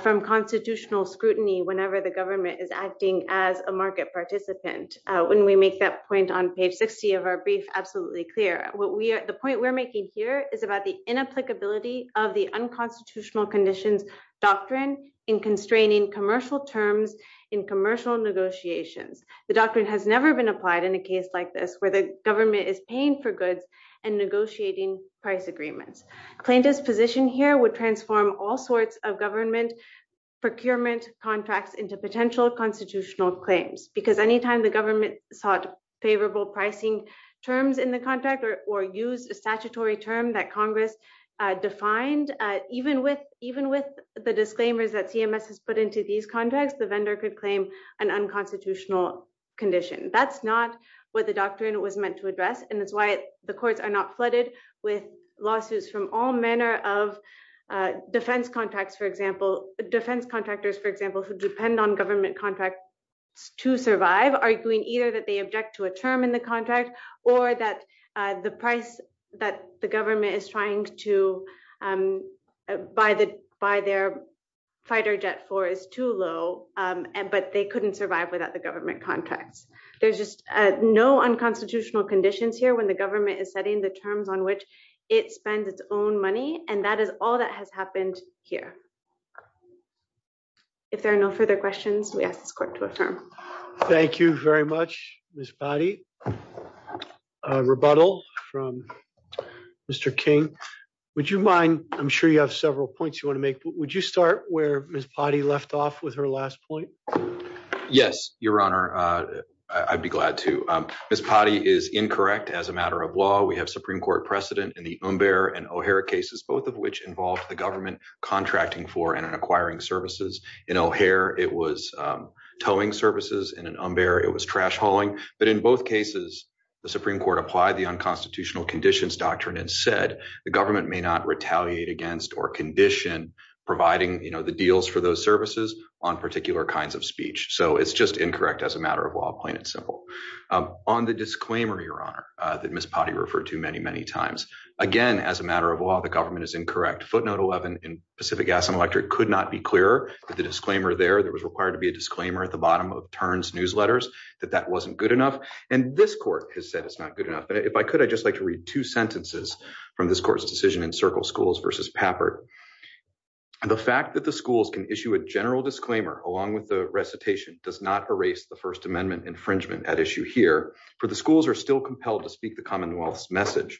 from constitutional scrutiny whenever the government is acting as a market participant. When we make that point on page 50 of our brief, absolutely clear. The point we're making here is about the inapplicability of the unconstitutional conditions doctrine in constraining commercial terms in commercial negotiations. The doctrine has never been applied in a case like this where the government is paying for goods and negotiating price agreements. Claimed disposition here would transform all sorts of government procurement contracts into potential constitutional claims, because any time the government sought favorable pricing terms in the contract or used a statutory term that Congress defined, even with the disclaimers that CMS has put into these contracts, the vendor could claim an unconstitutional condition. That's not what the doctrine was meant to address, and that's why the courts are not flooded with lawsuits from all manner of defense contracts, for example. Defense contractors, for example, could depend on government contracts to survive, arguing either that they object to a term in the contract or that the price that the government is trying to buy their fighter jet for is too low, but they couldn't survive without the government contract. There's just no unconstitutional conditions here when the government is setting the terms on which it spends its own money, and that is all that has happened here. If there are no further questions, we ask this court to adjourn. Thank you very much, Ms. Potti. A rebuttal from Mr. King. Would you mind, I'm sure you have several points you want to make, but would you start where Ms. Potti left off with her last point? Yes, Your Honor, I'd be glad to. Ms. Potti is incorrect as a matter of law. We have Supreme Court precedent in the Umber and O'Hare cases, both of which involved the government contracting for and acquiring services. In O'Hare, it was towing services. In Umber, it was trash hauling. But in both cases, the Supreme Court applied the unconstitutional conditions doctrine and said the government may not retaliate against or condition providing the deals for those services on particular kinds of speech. So it's just incorrect as a matter of law, plain and simple. On the disclaimer, Your Honor, that Ms. Potti referred to many, many times, again, as a matter of law, the government is incorrect. Footnote 11 in Pacific Gas and Electric could not be clearer. The disclaimer there, there was required to be a disclaimer at the bottom of Tern's newsletters that that wasn't good enough. And this court has said it's not good enough. If I could, I'd just like to read two sentences from this court's decision in Circle Schools versus Pappert. And the fact that the schools can issue a general disclaimer, along with the recitation, does not erase the First Amendment infringement at issue here, for the schools are still compelled to speak the Commonwealth's message.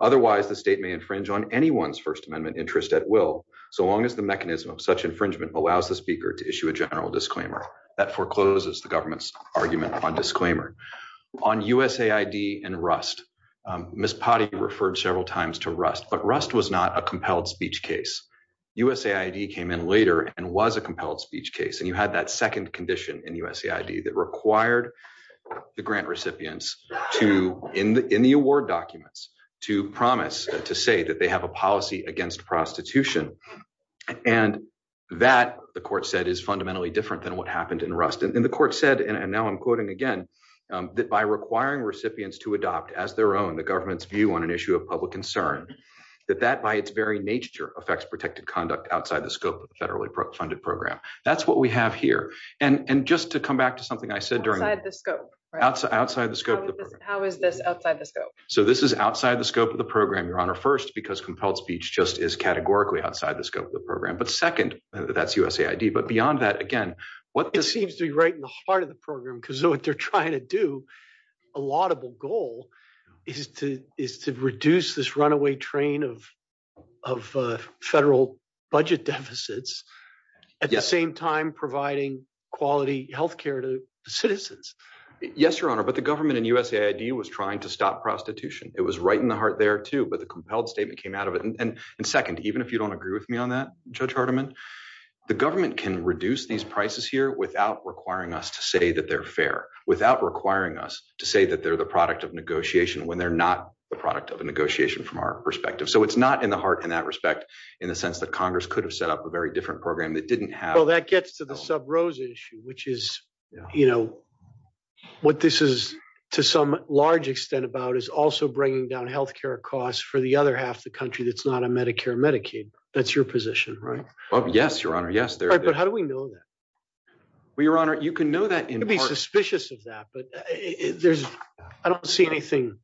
Otherwise, the state may infringe on anyone's First Amendment interest at will, so long as the mechanism of such infringement allows the speaker to issue a general disclaimer. That forecloses the government's argument on disclaimer. On USAID and Rust, Ms. Potti referred several times to Rust, but Rust was not a compelled speech case. USAID came in later and was a compelled speech case. And you had that second condition in USAID that required the grant recipients to, in the award documents, to promise, to say that they have a policy against prostitution. And that, the court said, is fundamentally different than what happened in Rust. And the court said, and now I'm quoting again, that by requiring recipients to adopt, as their own, the government's view on an issue of public concern, that that, by its very nature, affects protected conduct outside the scope of the federally funded program. That's what we have here. And just to come back to something I said during this. Outside the scope. How is this outside the scope? So this is outside the scope of the program, Your Honor, first, because compelled speech just is categorically outside the scope of the program. But second, that's USAID. But beyond that, again, what seems to be right in the heart of the program, because what they're trying to do, a laudable goal, is to reduce this runaway train of federal budget deficits, at the same time providing quality health care to citizens. Yes, Your Honor. But the government in USAID was trying to stop prostitution. It was right in the heart there, too, but the compelled statement came out of it. And second, even if you don't agree with me on that, Judge Hardiman, the government can reduce these prices here without requiring us to say that they're fair, without requiring us to say that they're the product of negotiation when they're not the product of the negotiation from our perspective. So it's not in the heart, in that respect, in the sense that Congress could have set up a very different program that didn't have. Well, that gets to the Sub-Rose issue, which is, you know, what this is to some large extent about is also bringing down health care costs for the other half of the country that's not on Medicare and Medicaid. That's your position, right? Well, yes, Your Honor. Yes, there is. But how do we know that? Well, Your Honor, you can know that in part. I'd be suspicious of that, but I don't see anything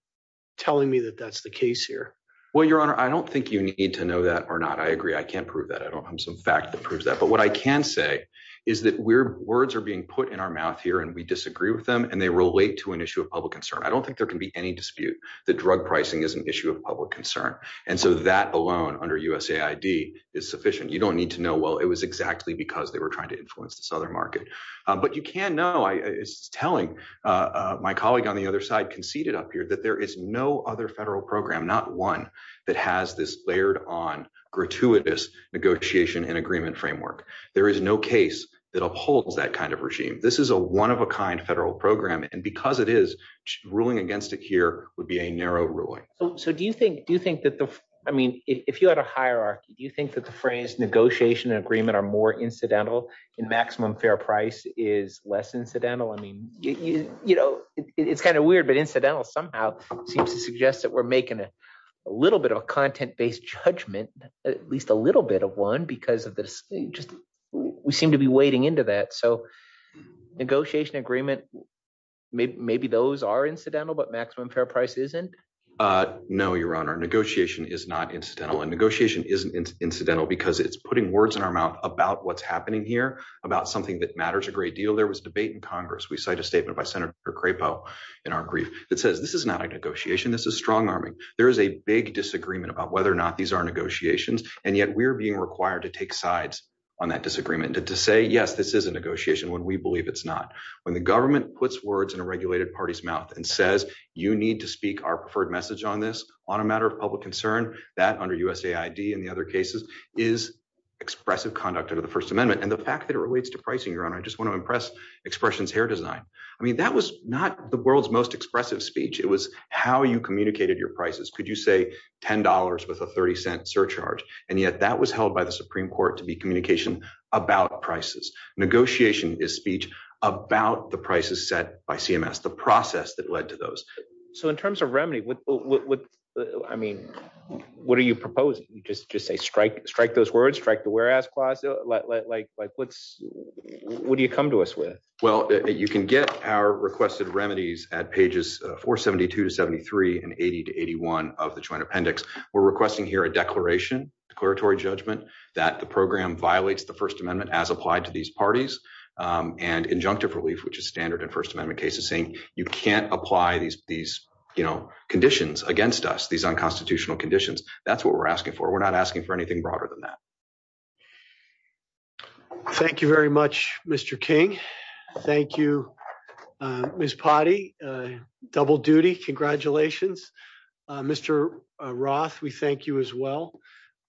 telling me that that's the case here. Well, Your Honor, I don't think you need to know that or not. I agree. I can't prove that. I don't have some facts to prove that. But what I can say is that words are being put in our mouth here, and we disagree with them, and they relate to an issue of public concern. I don't think there can be any dispute that drug pricing is an issue of public concern. And so that alone under USAID is sufficient. You don't need to know, well, it was exactly because they were trying to influence the Southern market. But you can know, it's telling, my colleague on the other side conceded up here, that there is no other federal program, not one, that has this layered-on, gratuitous negotiation and agreement framework. There is no case that upholds that kind of regime. This is a one-of-a-kind federal program, and because it is, ruling against it here would be a narrow ruling. So do you think that the – I mean if you had a hierarchy, do you think that the phrase negotiation and agreement are more incidental and maximum fair price is less incidental? I mean it's kind of weird, but incidental somehow seems to suggest that we're making a little bit of a content-based judgment, at least a little bit of one, because of the – we seem to be wading into that. So negotiation agreement, maybe those are incidental, but maximum fair price isn't? No, Your Honor, negotiation is not incidental. And negotiation isn't incidental because it's putting words in our mouth about what's happening here, about something that matters a great deal. There was debate in Congress. We cite a statement by Senator Crapo in our brief that says this is not a negotiation. This is strong-arming. There is a big disagreement about whether or not these are negotiations, and yet we're being required to take sides on that disagreement and to say yes, this is a negotiation when we believe it's not. When the government puts words in a regulated party's mouth and says you need to speak our preferred message on this on a matter of public concern, that under USAID and the other cases is expressive conduct under the First Amendment. And the fact that it relates to pricing, Your Honor, I just want to impress Expressions Hair Design. I mean that was not the world's most expressive speech. It was how you communicated your prices. Could you say $10 with a $0.30 surcharge? And yet that was held by the Supreme Court to be communication about prices. Negotiation is speech about the prices set by CMS, the process that led to those. So in terms of remedy, I mean, what are you proposing? Just say strike those words, strike the whereas clause? What do you come to us with? Well, you can get our requested remedies at pages 472 to 73 and 80 to 81 of the Joint Appendix. We're requesting here a declaration declaratory judgment that the program violates the First Amendment as applied to these parties and injunctive relief, which is standard and First Amendment cases saying you can't apply these conditions against us. These unconstitutional conditions. That's what we're asking for. We're not asking for anything broader than that. Thank you very much, Mr. King. Thank you, Miss Potty. Double duty. Congratulations, Mr. Roth. We thank you as well.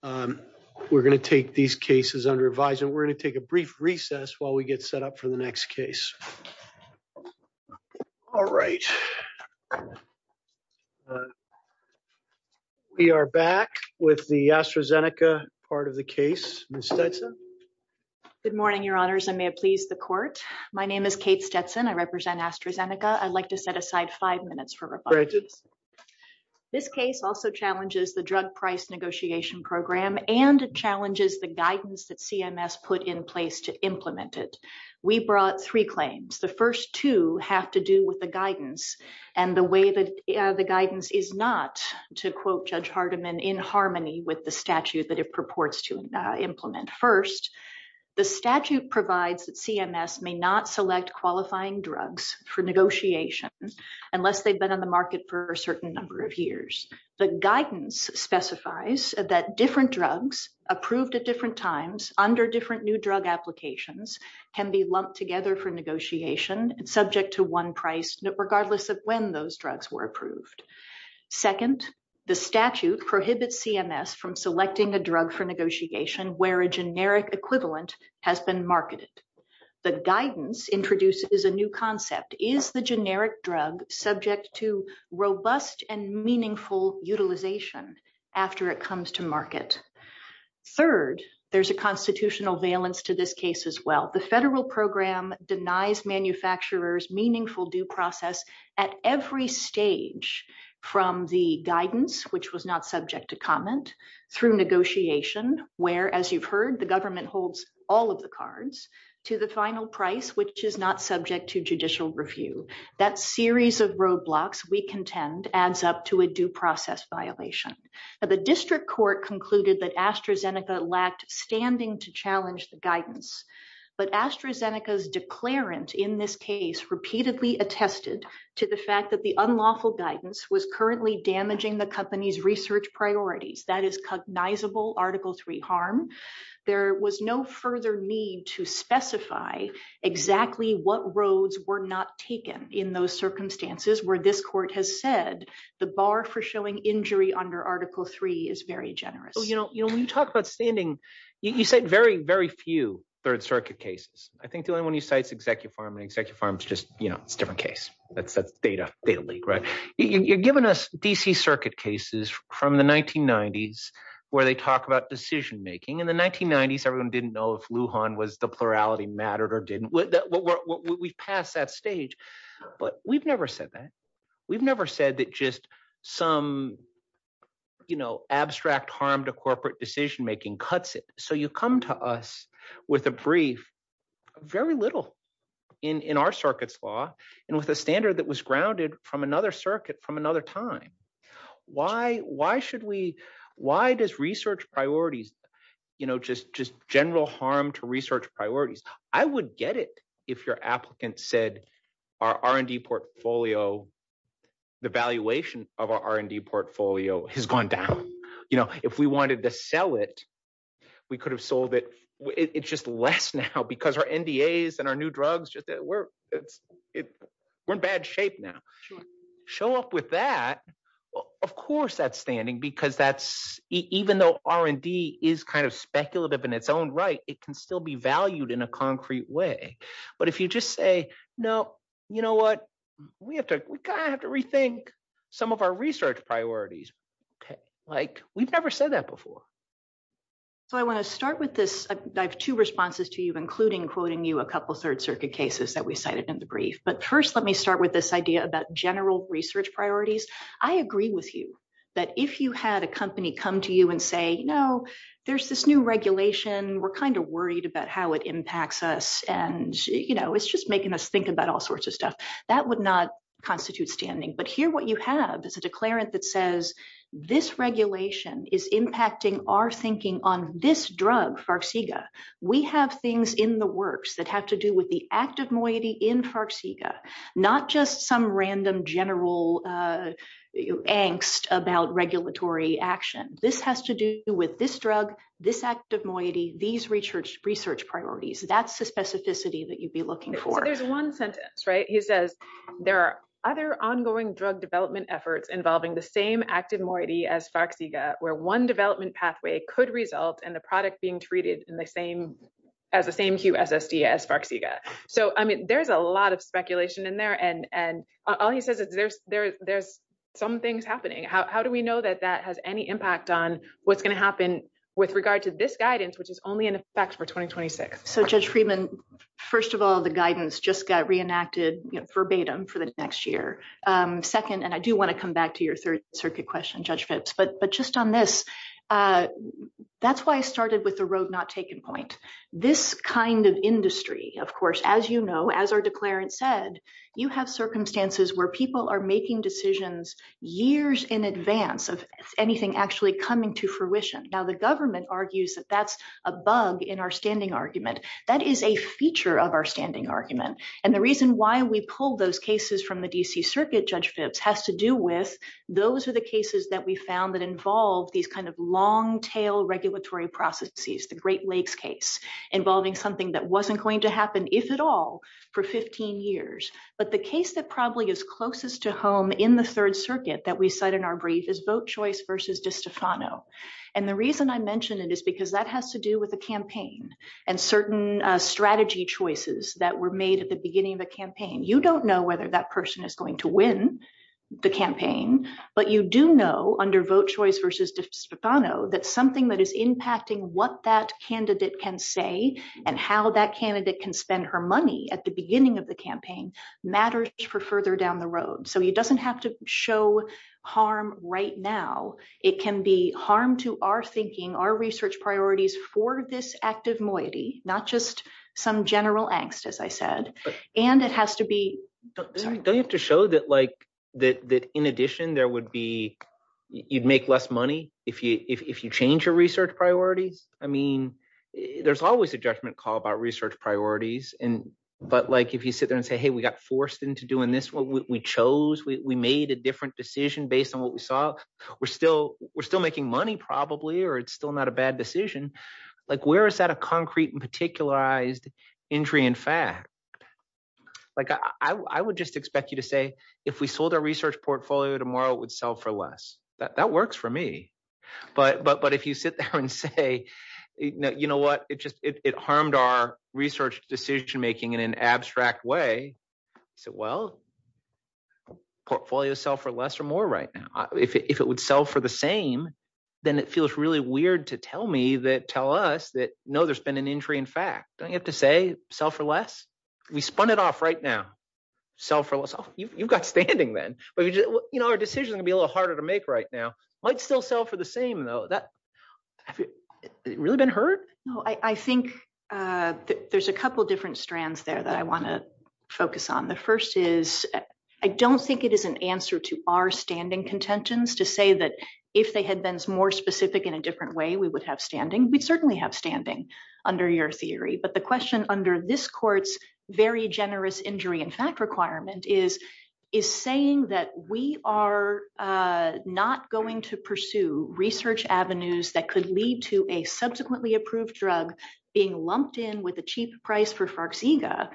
We're going to take these cases and revise it. We're going to take a brief recess while we get set up for the next case. All right. We are back with the AstraZeneca part of the case. Good morning, Your Honors. I may please the court. My name is Kate Stetson. I represent AstraZeneca. I'd like to set aside five minutes for this case. This case also challenges the drug price negotiation program and challenges the guidance that CMS put in place to implement it. We brought three claims. The first two have to do with the guidance and the way that the guidance is not, to quote Judge Hardiman, in harmony with the statute that it purports to implement. First, the statute provides that CMS may not select qualifying drugs for negotiation unless they've been on the market for a certain number of years. The guidance specifies that different drugs approved at different times under different new drug applications can be lumped together for negotiation subject to one price regardless of when those drugs were approved. Second, the statute prohibits CMS from selecting a drug for negotiation where a generic equivalent has been marketed. The guidance introduces a new concept. Is the generic drug subject to robust and meaningful utilization after it comes to market? Third, there's a constitutional valence to this case as well. The federal program denies manufacturers meaningful due process at every stage from the guidance, which was not subject to comment, through negotiation, where, as you've heard, the government holds all of the cards, to the final price, which is not subject to judicial review. That series of roadblocks, we contend, adds up to a due process violation. The district court concluded that AstraZeneca lacked standing to challenge the guidance. But AstraZeneca's declarant in this case repeatedly attested to the fact that the unlawful guidance was currently damaging the company's research priorities. That is cognizable Article III harm. There was no further need to specify exactly what roads were not taken in those circumstances where this court has said the bar for showing injury under Article III is very generous. So when you talk about standing, you said very, very few Third Circuit cases. I think the only one you cite is Executive Farm, and Executive Farm is just a different case. That's a beta leak, right? You've given us D.C. Circuit cases from the 1990s where they talk about decision-making. In the 1990s, everyone didn't know if Lujan was the plurality mattered or didn't. We've passed that stage. But we've never said that. We've never said that just some, you know, abstract harm to corporate decision-making cuts it. So you come to us with a brief, very little in our circuit's law, and with a standard that was grounded from another circuit from another time. Why should we – why does research priorities, you know, just general harm to research priorities? I would get it if your applicant said our R&D portfolio, the valuation of our R&D portfolio has gone down. If we wanted to sell it, we could have sold it. It's just less now because our NDAs and our new drugs, we're in bad shape now. If you show up with that, of course that's standing because that's – even though R&D is kind of speculative in its own right, it can still be valued in a concrete way. But if you just say, no, you know what, we have to – we kind of have to rethink some of our research priorities. Like, we've never said that before. So I want to start with this. I have two responses to you, including quoting you a couple Third Circuit cases that we cited in the brief. But first let me start with this idea about general research priorities. I agree with you that if you had a company come to you and say, no, there's this new regulation. We're kind of worried about how it impacts us, and, you know, it's just making us think about all sorts of stuff. That would not constitute standing. But here what you have is a declarant that says this regulation is impacting our thinking on this drug, Farxiga. We have things in the works that have to do with the active moiety in Farxiga, not just some random general angst about regulatory action. This has to do with this drug, this active moiety, these research priorities. That's the specificity that you'd be looking for. There's one sentence, right? He says, there are other ongoing drug development efforts involving the same active moiety as Farxiga, where one development pathway could result in the product being treated as the same hue SSD as Farxiga. So, I mean, there's a lot of speculation in there. And all he says is there's some things happening. How do we know that that has any impact on what's going to happen with regard to this guidance, which is only in effect for 2026? So, Judge Friedman, first of all, the guidance just got reenacted verbatim for the next year. Second, and I do want to come back to your third circuit question, Judge Phipps, but just on this, that's why I started with the road not taking point. This kind of industry, of course, as you know, as our declarant said, you have circumstances where people are making decisions years in advance of anything actually coming to fruition. Now, the government argues that that's a bug in our standing argument. That is a feature of our standing argument. And the reason why we pulled those cases from the D.C. Circuit, Judge Phipps, has to do with those are the cases that we found that involve these kind of long tail regulatory processes, the Great Lakes case, involving something that wasn't going to happen, if at all, for 15 years. But the case that probably is closest to home in the third circuit that we set in our brief is vote choice versus DeStefano. And the reason I mention it is because that has to do with the campaign and certain strategy choices that were made at the beginning of the campaign. You don't know whether that person is going to win the campaign, but you do know under vote choice versus DeStefano that something that is impacting what that candidate can say and how that candidate can spend her money at the beginning of the campaign matters for further down the road. So it doesn't have to show harm right now. It can be harm to our thinking, our research priorities for this active moiety, not just some general angst, as I said. And it has to be... Don't you have to show that, like, that in addition there would be, you'd make less money if you change your research priority? I mean, there's always a judgment call about research priorities. But, like, if you sit there and say, hey, we got forced into doing this. We chose. We made a different decision based on what we saw. We're still making money probably, or it's still not a bad decision. Like, where is that a concrete and particularized entry in fact? Like, I would just expect you to say if we sold our research portfolio tomorrow, it would sell for less. That works for me. But if you sit there and say, you know what? It just – it harmed our research decision-making in an abstract way. I said, well, portfolios sell for less or more right now. If it would sell for the same, then it feels really weird to tell me that – tell us that, no, there's been an entry in fact. Don't you have to say sell for less? We spun it off right now. Sell for less. You got standing then. You know, our decision would be a little harder to make right now. It might still sell for the same, though. Has it really been hurt? No, I think there's a couple different strands there that I want to focus on. The first is I don't think it is an answer to our standing contentions to say that if they had been more specific in a different way, we would have standing. We certainly have standing under your theory. But the question under this court's very generous injury in fact requirement is, is saying that we are not going to pursue research avenues that could lead to a subsequently approved drug being lumped in with a cheap price for Farxiga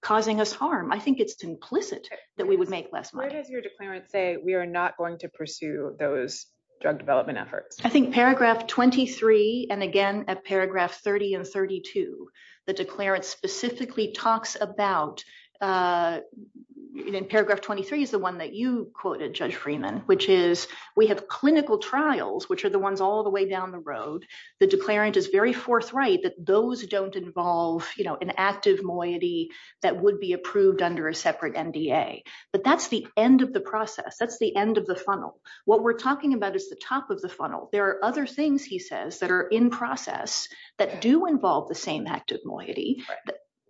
causing us harm. I think it's implicit that we would make less money. What does your declarant say? We are not going to pursue those drug development efforts? I think paragraph 23 and again at paragraph 30 and 32. The declarant specifically talks about in paragraph 23 is the one that you quoted Judge Freeman, which is we have clinical trials, which are the ones all the way down the road. The declarant is very forthright that those don't involve, you know, an active moiety that would be approved under a separate MDA. But that's the end of the process. That's the end of the funnel. What we're talking about is the top of the funnel. There are other things, he says, that are in process that do involve the same active moiety.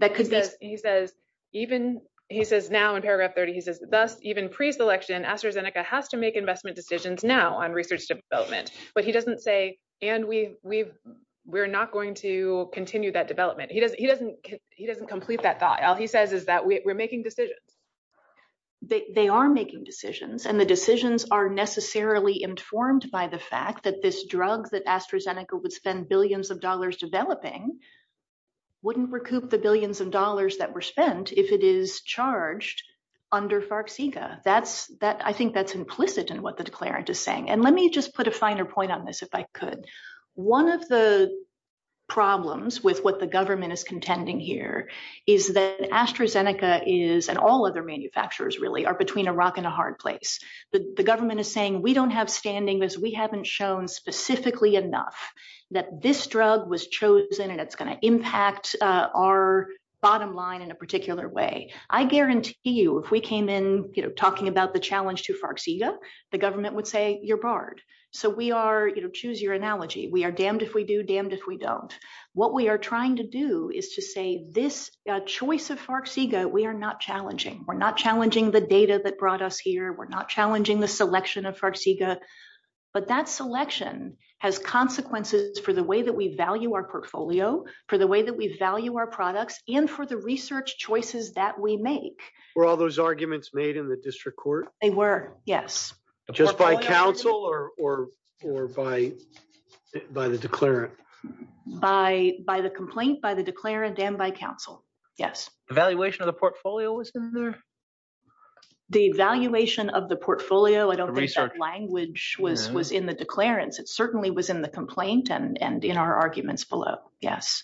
He says even, he says now in paragraph 30, he says even pre-selection AstraZeneca has to make investment decisions now on research development. But he doesn't say, and we're not going to continue that development. He doesn't complete that thought. All he says is that we're making decisions. They are making decisions. And the decisions are necessarily informed by the fact that this drug that AstraZeneca would spend billions of dollars developing wouldn't recoup the billions of dollars that were spent if it is charged under FARC-CEGA. I think that's implicit in what the declarant is saying. And let me just put a finer point on this if I could. One of the problems with what the government is contending here is that AstraZeneca is, and all other manufacturers really, are between a rock and a hard place. The government is saying we don't have standing because we haven't shown specifically enough that this drug was chosen and it's going to impact our bottom line in a particular way. I guarantee you if we came in talking about the challenge to FARC-CEGA, the government would say you're barred. Choose your analogy. We are damned if we do, damned if we don't. What we are trying to do is to say this choice of FARC-CEGA, we are not challenging. We're not challenging the data that brought us here. We're not challenging the selection of FARC-CEGA. But that selection has consequences for the way that we value our portfolio, for the way that we value our products, and for the research choices that we make. Were all those arguments made in the district court? They were, yes. Just by counsel or by the declarant? By the complaint, by the declarant, and by counsel, yes. Evaluation of the portfolio was in there? The evaluation of the portfolio, I don't think that language was in the declarant. It certainly was in the complaint and in our arguments below, yes.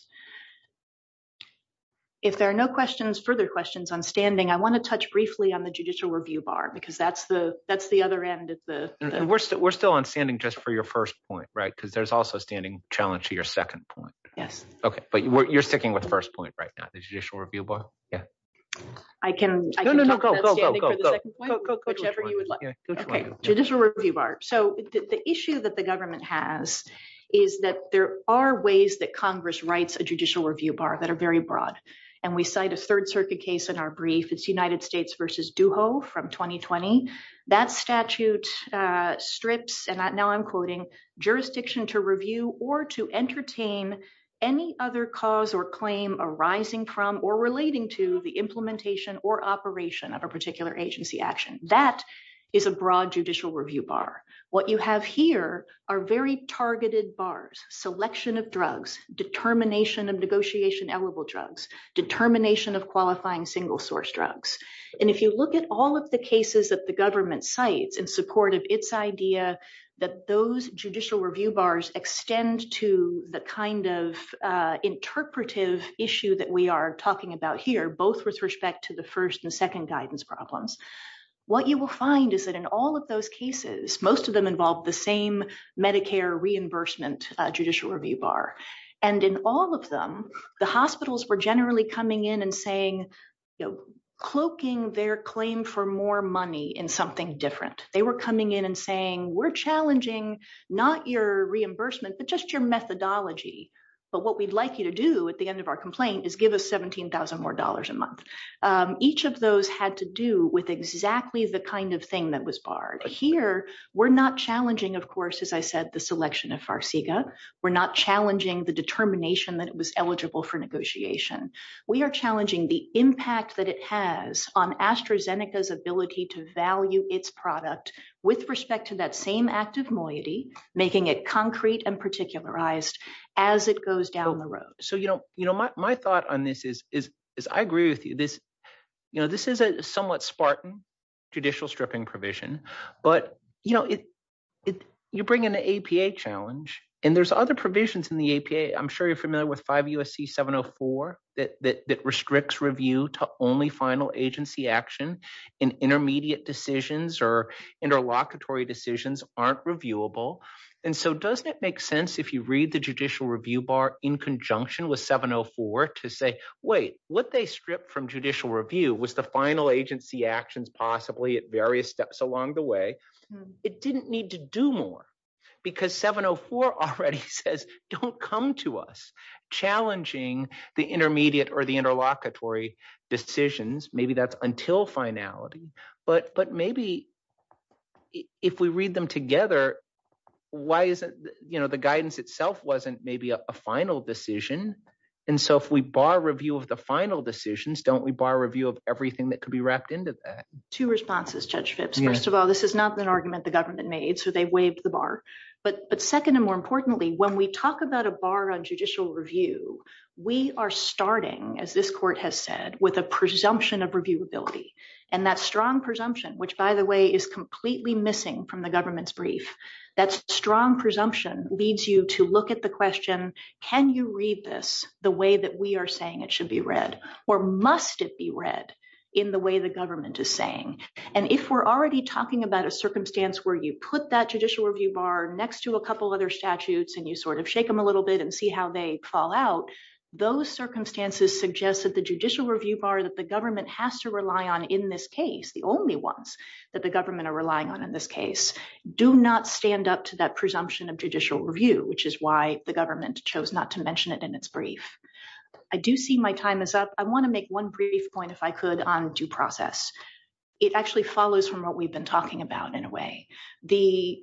If there are no questions, further questions, I'm standing. I want to touch briefly on the judicial review bar because that's the other end. We're still on standing just for your first point, right, because there's also a standing challenge to your second point. Yes. Okay, but you're sticking with the first point right now, the judicial review bar? I can talk about standing for the second point, whichever you would like. Okay, judicial review bar. So the issue that the government has is that there are ways that Congress writes a judicial review bar that are very broad. And we cite a Third Circuit case in our brief. It's United States v. Duho from 2020. That statute strips, and now I'm quoting, jurisdiction to review or to entertain any other cause or claim arising from or relating to the implementation or operation of a particular agency action. That is a broad judicial review bar. What you have here are very targeted bars, selection of drugs, determination of negotiation-allowable drugs, determination of qualifying single-source drugs. And if you look at all of the cases that the government cites in support of its idea that those judicial review bars extend to the kind of interpretive issue that we are talking about here, both with respect to the first and second guidance problems, what you will find is that in all of those cases, most of them involve the same Medicare reimbursement judicial review bar. And in all of them, the hospitals were generally coming in and saying, cloaking their claim for more money in something different. They were coming in and saying, we're challenging not your reimbursement, but just your methodology. But what we'd like you to do at the end of our complaint is give us $17,000 more a month. Each of those had to do with exactly the kind of thing that was barred. Here, we're not challenging, of course, as I said, the selection of Farsiga. We're not challenging the determination that it was eligible for negotiation. We are challenging the impact that it has on AstraZeneca's ability to value its product with respect to that same active moiety, making it concrete and particularized as it goes down the road. My thought on this is I agree with you. This is a somewhat spartan judicial stripping provision. But you bring in the APA challenge, and there's other provisions in the APA. I'm sure you're familiar with 5 U.S.C. 704 that restricts review to only final agency action, and intermediate decisions or interlocutory decisions aren't reviewable. And so doesn't it make sense if you read the judicial review bar in conjunction with 704 to say, wait, what they stripped from judicial review was the final agency actions possibly at various steps along the way. It didn't need to do more because 704 already says don't come to us challenging the intermediate or the interlocutory decisions. Maybe that's until finality. But maybe if we read them together, the guidance itself wasn't maybe a final decision. And so if we bar review of the final decisions, don't we bar review of everything that could be wrapped into that? Two responses, Judge Fitz. First of all, this is not an argument the government made, so they waived the bar. But second and more importantly, when we talk about a bar on judicial review, we are starting, as this court has said, with a presumption of reviewability. And that strong presumption, which, by the way, is completely missing from the government's brief, that strong presumption leads you to look at the question, can you read this the way that we are saying it should be read? Or must it be read in the way the government is saying? And if we're already talking about a circumstance where you put that judicial review bar next to a couple other statutes and you sort of shake them a little bit and see how they fall out, those circumstances suggest that the judicial review bar that the government has to rely on in this case, the only ones that the government are relying on in this case, do not stand up to that presumption of judicial review, which is why the government chose not to mention it in its brief. I do see my time is up. I want to make one brief point, if I could, on due process. It actually follows from what we've been talking about in a way. The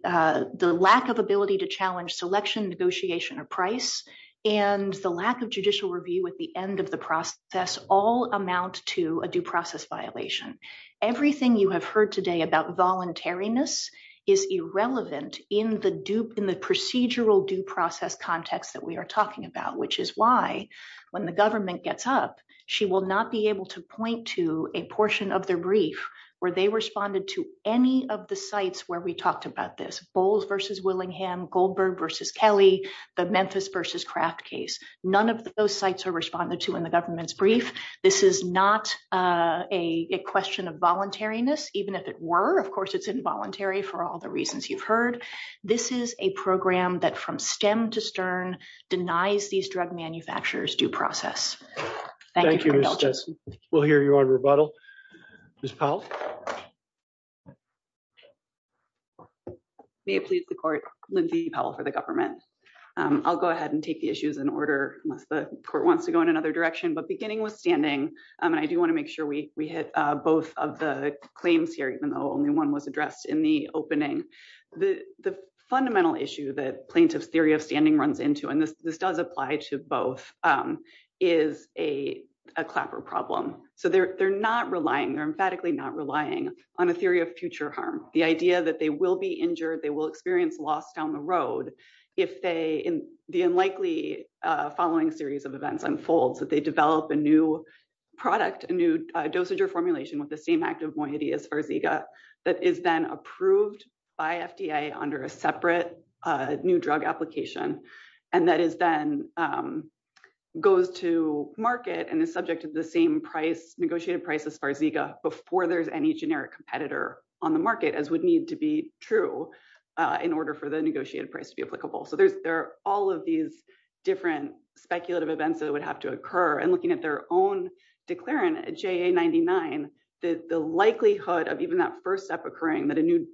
lack of ability to challenge selection, negotiation, or price, and the lack of judicial review at the end of the process all amount to a due process violation. Everything you have heard today about voluntariness is irrelevant in the procedural due process context that we are talking about, which is why, when the government gets up, she will not be able to point to a portion of the brief where they responded to any of the sites where we talked about this. Bowles v. Willingham, Goldberg v. Kelly, the Memphis v. Craft case. None of those sites are responded to in the government's brief. This is not a question of voluntariness, even if it were. Of course, it's involuntary for all the reasons you've heard. This is a program that, from stem to stern, denies these drug manufacturers due process. Thank you. We'll hear you on rebuttal. Ms. Powell? May it please the court, Lindsay Powell for the government. I'll go ahead and take the issues in order. The court wants to go in another direction, but beginning with standing, and I do want to make sure we hit both of the claims here, even though only one was addressed in the opening. The fundamental issue that plaintiff's theory of standing runs into, and this does apply to both, is a clapper problem. So they're not relying, they're emphatically not relying on a theory of future harm. The idea that they will be injured, they will experience loss down the road if the unlikely following series of events unfolds, that they develop a new product, a new dosage or formulation with the same active quantity as Sparziga, that is then approved by FDA under a separate new drug application, and that is then goes to market and is subject to the same negotiated price as Sparziga before there's any generic competitor on the market, as would need to be true in order for the negotiated price to be applicable. So there are all of these different speculative events that would have to occur, and looking at their own declarant, JA99, the likelihood of even that first step occurring, that a new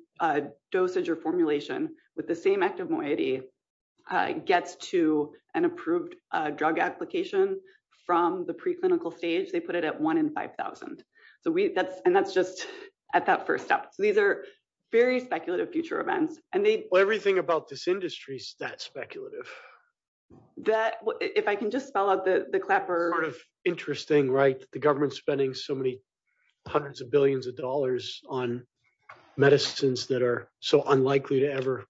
dosage or formulation with the same active quantity gets to an approved drug application from the preclinical stage, they put it at 1 in 5,000. And that's just at that first step. These are very speculative future events. Everything about this industry is that speculative. If I can just follow up the clapper. Interesting, right? The government's spending so many hundreds of billions of dollars on medicines that are so unlikely to ever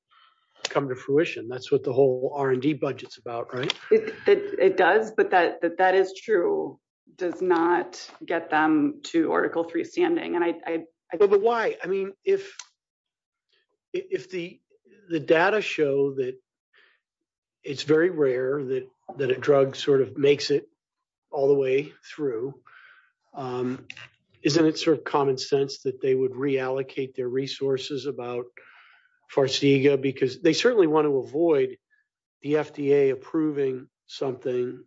come to fruition. That's what the whole R&D budget's about, right? It does, but that is true, does not get them to Article III standing. But why? I mean, if the data show that it's very rare that a drug sort of makes it all the way through, isn't it sort of common sense that they would reallocate their resources about Sparziga? Because they certainly want to avoid the FDA approving something,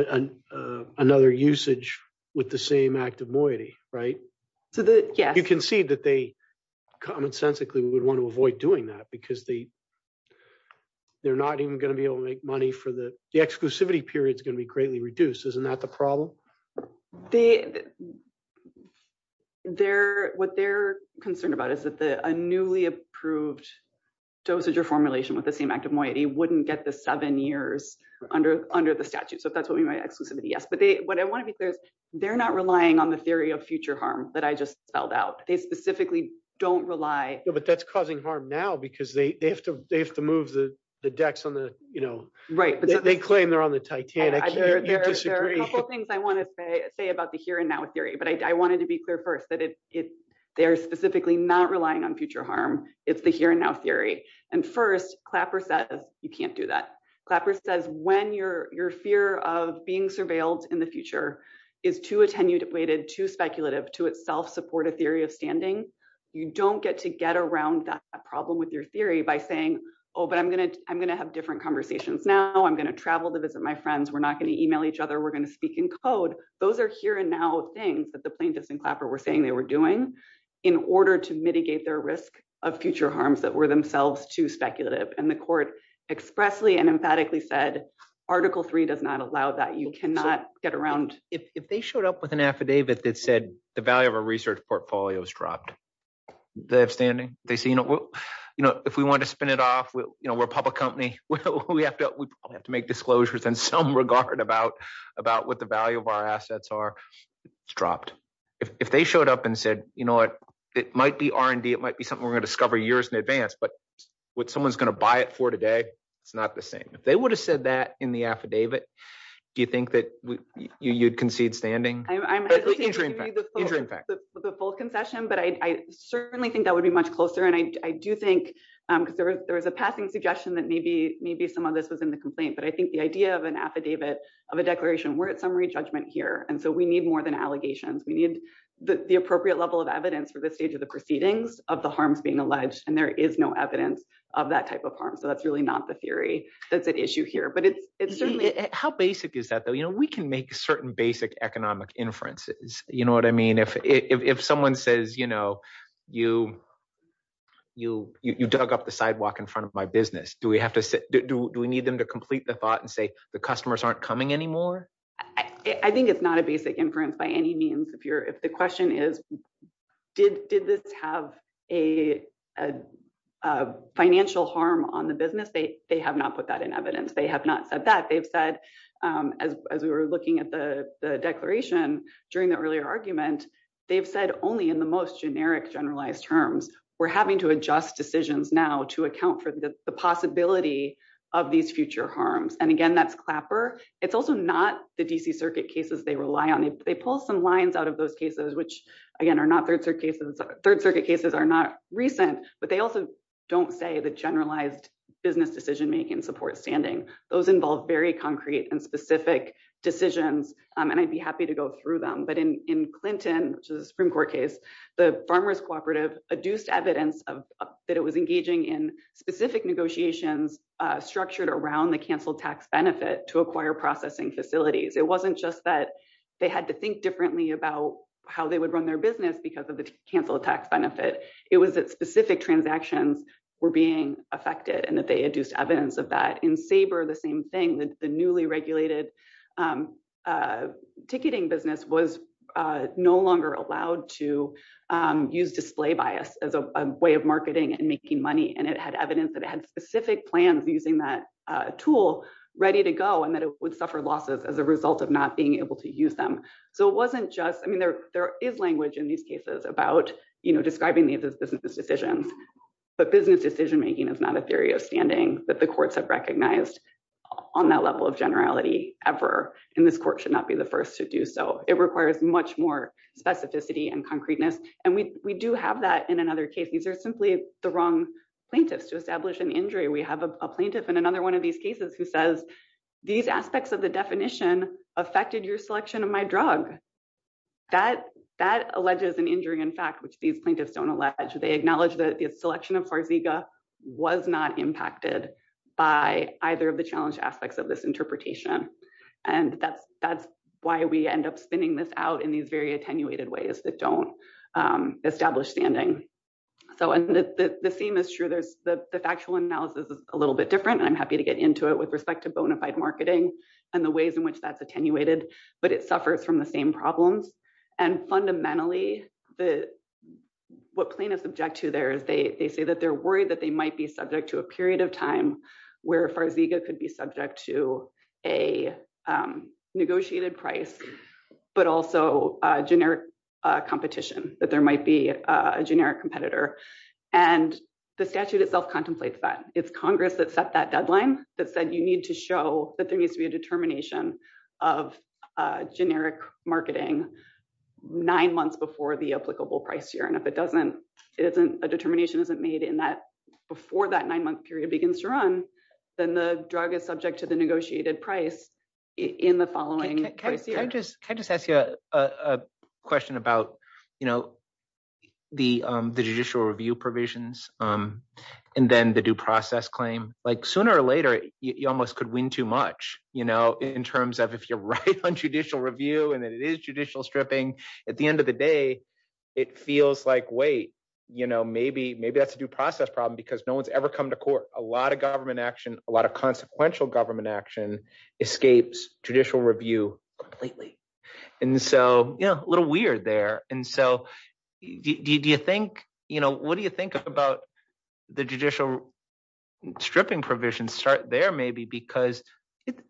another usage with the same active moiety, right? You can see that they, commonsensically, would want to avoid doing that because they're not even going to be able to make money for the—the exclusivity period's going to be greatly reduced. Isn't that the problem? What they're concerned about is that a newly approved dosage or formulation with the same active moiety wouldn't get to seven years under the statute. So that's what we mean by exclusivity, yes. They're not relying on the theory of future harm that I just spelled out. They specifically don't rely— But that's causing harm now because they have to move the decks on the, you know— Right. They claim they're on the Titanic. There are a couple things I want to say about the here-and-now theory, but I wanted to be clear first that they're specifically not relying on future harm. It's the here-and-now theory. And first, Clapper says you can't do that. Clapper says when your fear of being surveilled in the future is too attenuated, too speculative to itself support a theory of standing, you don't get to get around that problem with your theory by saying, oh, but I'm going to have different conversations now. I'm going to travel to visit my friends. We're not going to email each other. We're going to speak in code. Those are here-and-now things that the plaintiffs in Clapper were saying they were doing in order to mitigate their risk of future harms that were themselves too speculative. And the court expressly and emphatically said Article III does not allow that. You cannot get around— If they showed up with an affidavit that said the value of our research portfolio has dropped, they have standing? They say, you know, if we want to spin it off, we're a public company. We have to make disclosures in some regard about what the value of our assets are. It's dropped. If they showed up and said, you know what, it might be R&D. It might be something we're going to discover years in advance. But what someone's going to buy it for today, it's not the same. If they would have said that in the affidavit, do you think that you'd concede standing? Interim fact. The full concession, but I certainly think that would be much closer. And I do think there is a passing suggestion that maybe some of this is in the complaint. But I think the idea of an affidavit, of a declaration, we're at summary judgment here. And so we need more than allegations. We need the appropriate level of evidence for this stage of the proceedings of the harms being alleged. And there is no evidence of that type of harm. So that's really not the theory that's at issue here. How basic is that, though? You know, we can make certain basic economic inferences. You know what I mean? If someone says, you know, you dug up the sidewalk in front of my business, do we need them to complete the thought and say the customers aren't coming anymore? I think it's not a basic inference by any means. If the question is, did this have a financial harm on the business? They have not put that in evidence. They have not said that. They've said, as we were looking at the declaration during the earlier argument, they've said only in the most generic, generalized terms. We're having to adjust decisions now to account for the possibility of these future harms. And again, that's Clapper. It's also not the D.C. Circuit cases they rely on. They pull some lines out of those cases, which, again, are not Third Circuit cases. Third Circuit cases are not recent. But they also don't say the generalized business decision-making support standing. Those involve very concrete and specific decisions. And I'd be happy to go through them. But in Clinton's Supreme Court case, the Farmers Cooperative adduced evidence that it was engaging in specific negotiations structured around the canceled tax benefit to acquire processing facilities. It wasn't just that they had to think differently about how they would run their business because of the canceled tax benefit. It was that specific transactions were being affected and that they had used evidence of that. And Sabre, the same thing, the newly regulated ticketing business, was no longer allowed to use display bias as a way of marketing and making money. And it had evidence that it had specific plans using that tool ready to go and that it would suffer losses as a result of not being able to use them. So it wasn't just – I mean, there is language in these cases about, you know, describing these as business decisions. But business decision-making is not a theory of standing that the courts have recognized on that level of generality ever. And this court should not be the first to do so. It requires much more specificity and concreteness. And we do have that in another case. These are simply the wrong plaintiffs to establish an injury. We have a plaintiff in another one of these cases who says, these aspects of the definition affected your selection of my drug. That alleges an injury in fact, which these plaintiffs don't allege. They acknowledge that the selection of Harziga was not impacted by either of the challenge aspects of this interpretation. And that's why we end up spinning this out in these very attenuated ways that don't establish standing. So the theme is true. The factual analysis is a little bit different. I'm happy to get into it with respect to bona fide marketing and the ways in which that's attenuated. But it suffered from the same problems. And fundamentally, what plaintiffs object to there is they say that they're worried that they might be subject to a period of time where Farziga could be subject to a negotiated price, but also generic competition, that there might be a generic competitor. And the statute itself contemplates that. It's Congress that set that deadline that said you need to show that there needs to be a determination of generic marketing nine months before the applicable price year. And if a determination isn't made before that nine-month period begins to run, then the drug is subject to the negotiated price in the following year. Can I just ask you a question about the judicial review provisions and then the due process claim? Sooner or later, you almost could win too much in terms of if you're right on judicial review and it is judicial stripping, at the end of the day, it feels like, wait, maybe that's a due process problem because no one's ever come to court. A lot of government action, a lot of consequential government action escapes judicial review completely. And so a little weird there. And so do you think – what do you think about the judicial stripping provisions? Start there maybe because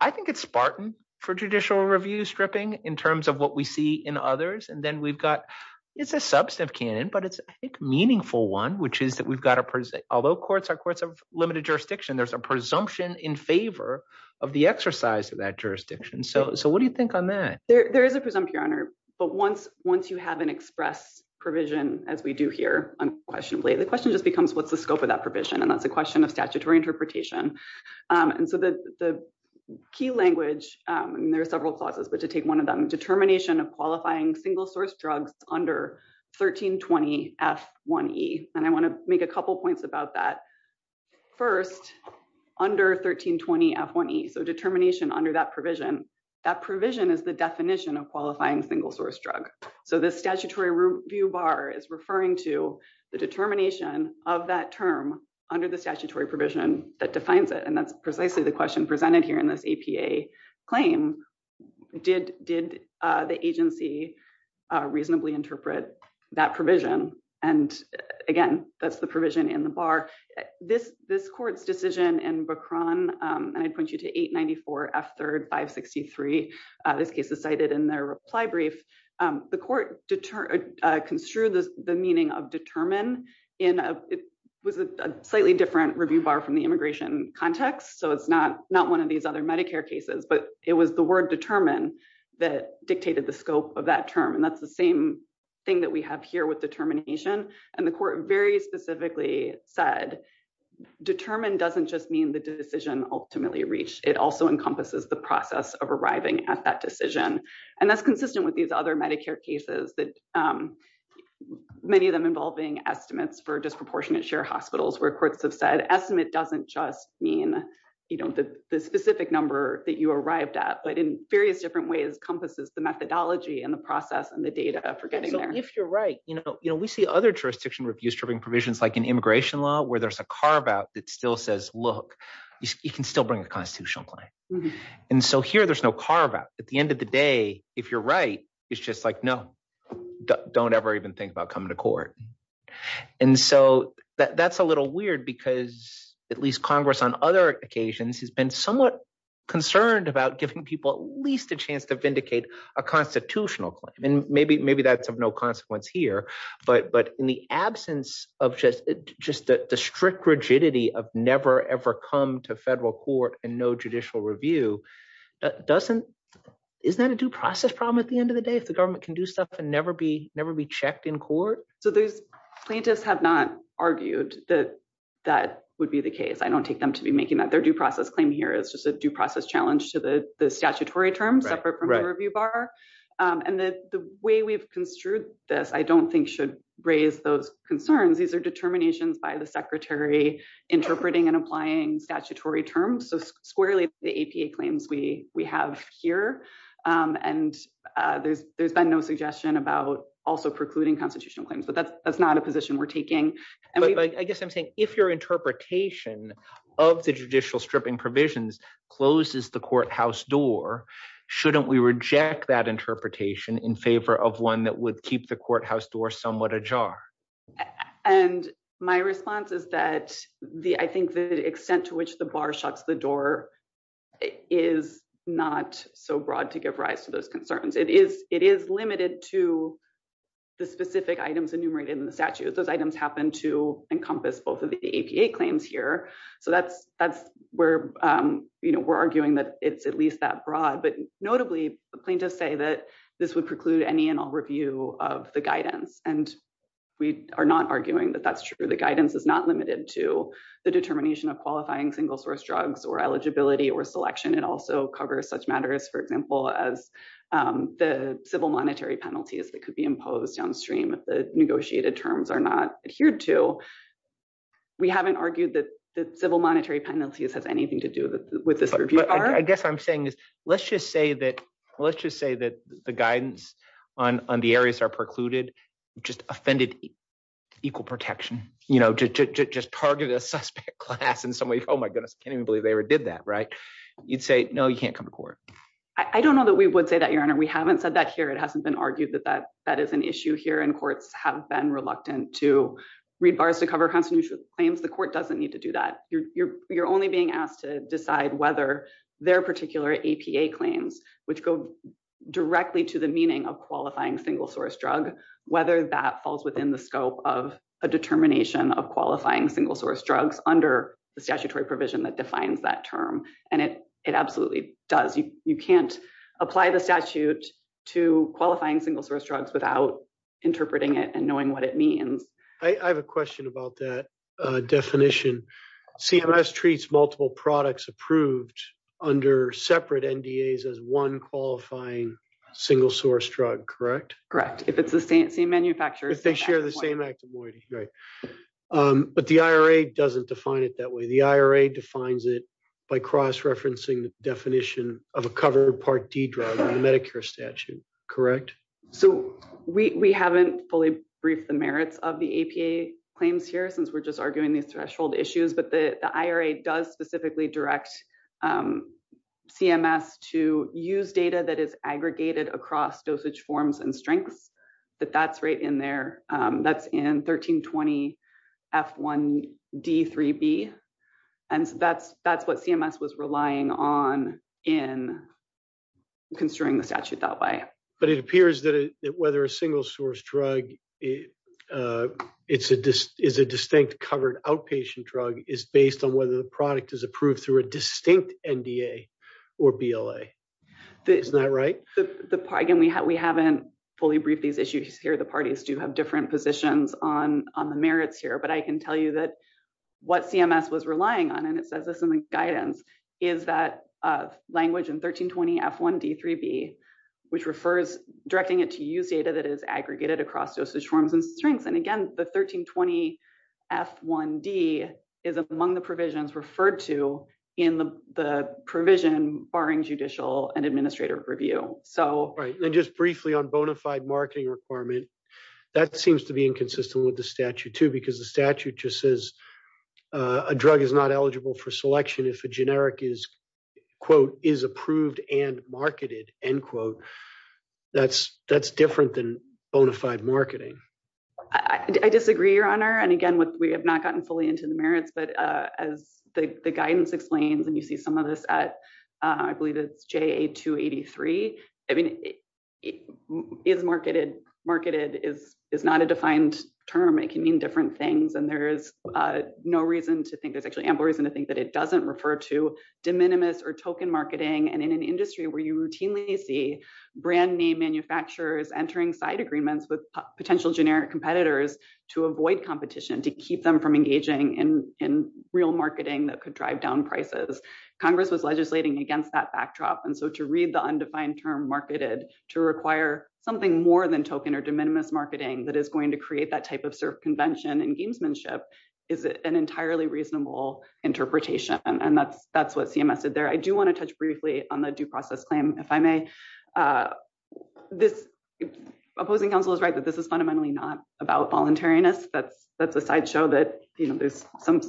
I think it's spartan for judicial review stripping in terms of what we see in others. And then we've got – it's a substantive canon, but it's a meaningful one, which is that we've got a – although courts are courts of limited jurisdiction, there's a presumption in favor of the exercise of that jurisdiction. So what do you think on that? There is a presumption, Your Honor, but once you have an express provision, as we do here, unquestionably, the question just becomes what's the scope of that provision? And that's a question of statutory interpretation. And so the key language – and there are several clauses, but to take one of them – determination of qualifying single-source drugs under 1320F1E. And I want to make a couple points about that. First, under 1320F1E, so determination under that provision, that provision is the definition of qualifying single-source drug. So the statutory review bar is referring to the determination of that term under the statutory provision that defines it. And that's precisely the question presented here in this APA claim. Did the agency reasonably interpret that provision? And again, that's the provision in the bar. This court's decision in Bacron – and I point you to 894F3-563, this case is cited in their reply brief – the court construed the meaning of determine in a slightly different review bar from the immigration context. So it's not one of these other Medicare cases, but it was the word determine that dictated the scope of that term. And that's the same thing that we have here with determination. And the court very specifically said determine doesn't just mean the decision ultimately reached. It also encompasses the process of arriving at that decision. And that's consistent with these other Medicare cases, many of them involving estimates for disproportionate share hospitals, where courts have said estimate doesn't just mean the specific number that you arrived at, but in various different ways encompasses the methodology and the process and the data for getting there. But if you're right, we see other jurisdiction review-stripping provisions like in immigration law where there's a carve-out that still says, look, you can still bring a constitutional claim. And so here there's no carve-out. At the end of the day, if you're right, it's just like, no, don't ever even think about coming to court. And so that's a little weird because at least Congress on other occasions has been somewhat concerned about giving people at least a chance to vindicate a constitutional claim. And maybe that's of no consequence here, but in the absence of just the strict rigidity of never, ever come to federal court and no judicial review, isn't that a due process problem at the end of the day if the government can do stuff and never be checked in court? So the plaintiffs have not argued that that would be the case. I don't take them to be making that. Their due process claim here is just a due process challenge to the statutory terms separate from the review bar. And the way we've construed this, I don't think should raise those concerns. These are determinations by the secretary interpreting and applying statutory terms. So squarely the APA claims we have here, and there's been no suggestion about also precluding constitutional claims, but that's not a position we're taking. But I guess I'm saying if your interpretation of the judicial stripping provisions closes the courthouse door, shouldn't we reject that interpretation in favor of one that would keep the courthouse door somewhat ajar? And my response is that I think the extent to which the bar shuts the door is not so broad to give rise to those concerns. It is limited to the specific items enumerated in the statute. Those items happen to encompass both of the APA claims here. So that's where we're arguing that it's at least that broad. But notably, plaintiffs say that this would preclude any and all review of the guidance. And we are not arguing that that's true. The guidance is not limited to the determination of qualifying single-source drugs or eligibility or selection. It also covers such matters, for example, as the civil monetary penalties that could be imposed downstream if the negotiated terms are not adhered to. So we haven't argued that the civil monetary penalties have anything to do with this review bar. But I guess what I'm saying is let's just say that the guidance on the areas that are precluded just offended equal protection. You know, to just target a suspect class in some way, oh my goodness, I can't even believe they ever did that, right? You'd say, no, you can't come to court. I don't know that we would say that, Your Honor. We haven't said that here. It hasn't been argued that that is an issue here. And courts have been reluctant to read bars to cover constitutional claims. The court doesn't need to do that. You're only being asked to decide whether their particular APA claims, which go directly to the meaning of qualifying single-source drug, whether that falls within the scope of a determination of qualifying single-source drugs under the statutory provision that defines that term. And it absolutely does. You can't apply the statute to qualifying single-source drugs without interpreting it and knowing what it means. I have a question about that definition. CMS treats multiple products approved under separate NDAs as one qualifying single-source drug, correct? Correct. If it's the same manufacturer. If they share the same active moiety. But the IRA doesn't define it that way. The IRA defines it by cross-referencing the definition of a covered Part D drug in the Medicare statute, correct? So we haven't fully briefed the merits of the APA claims here since we're just arguing these threshold issues. But the IRA does specifically direct CMS to use data that is aggregated across dosage forms and strengths. But that's right in there. That's in 1320F1D3B. And that's what CMS was relying on in construing the statute that way. But it appears that whether a single-source drug is a distinct covered outpatient drug is based on whether the product is approved through a distinct NDA or BLA. Is that right? Again, we haven't fully briefed these issues here. The parties do have different positions on the merits here. But I can tell you that what CMS was relying on, and it says this in the guidance, is that language in 1320F1D3B, which refers directing it to use data that is aggregated across dosage forms and strengths. And again, the 1320F1D is among the provisions referred to in the provision barring judicial and administrative review. And just briefly on bona fide marketing requirement, that seems to be inconsistent with the statute too, because the statute just says a drug is not eligible for selection if a generic is, quote, is approved and marketed, end quote. That's different than bona fide marketing. I disagree, Your Honor. And again, we have not gotten fully into the merits. But as the guidance explains, and you see some of this at, I believe it's JA283. I mean, is marketed, marketed is not a defined term. It can mean different things. And there's no reason to think, there's actually ample reason to think that it doesn't refer to de minimis or token marketing. And in an industry where you routinely see brand name manufacturers entering side agreements with potential generic competitors to avoid competition, to keep them from engaging in real marketing that could drive down prices, Congress is legislating against that backdrop. And so to read the undefined term marketed, to require something more than token or de minimis marketing, that is going to create that type of circumvention and gamesmanship is an entirely reasonable interpretation. And that's what CMS said there. I do want to touch briefly on the due process claim, if I may. Opposing counsel is right that this is fundamentally not about voluntariness, but that's a sideshow that there's some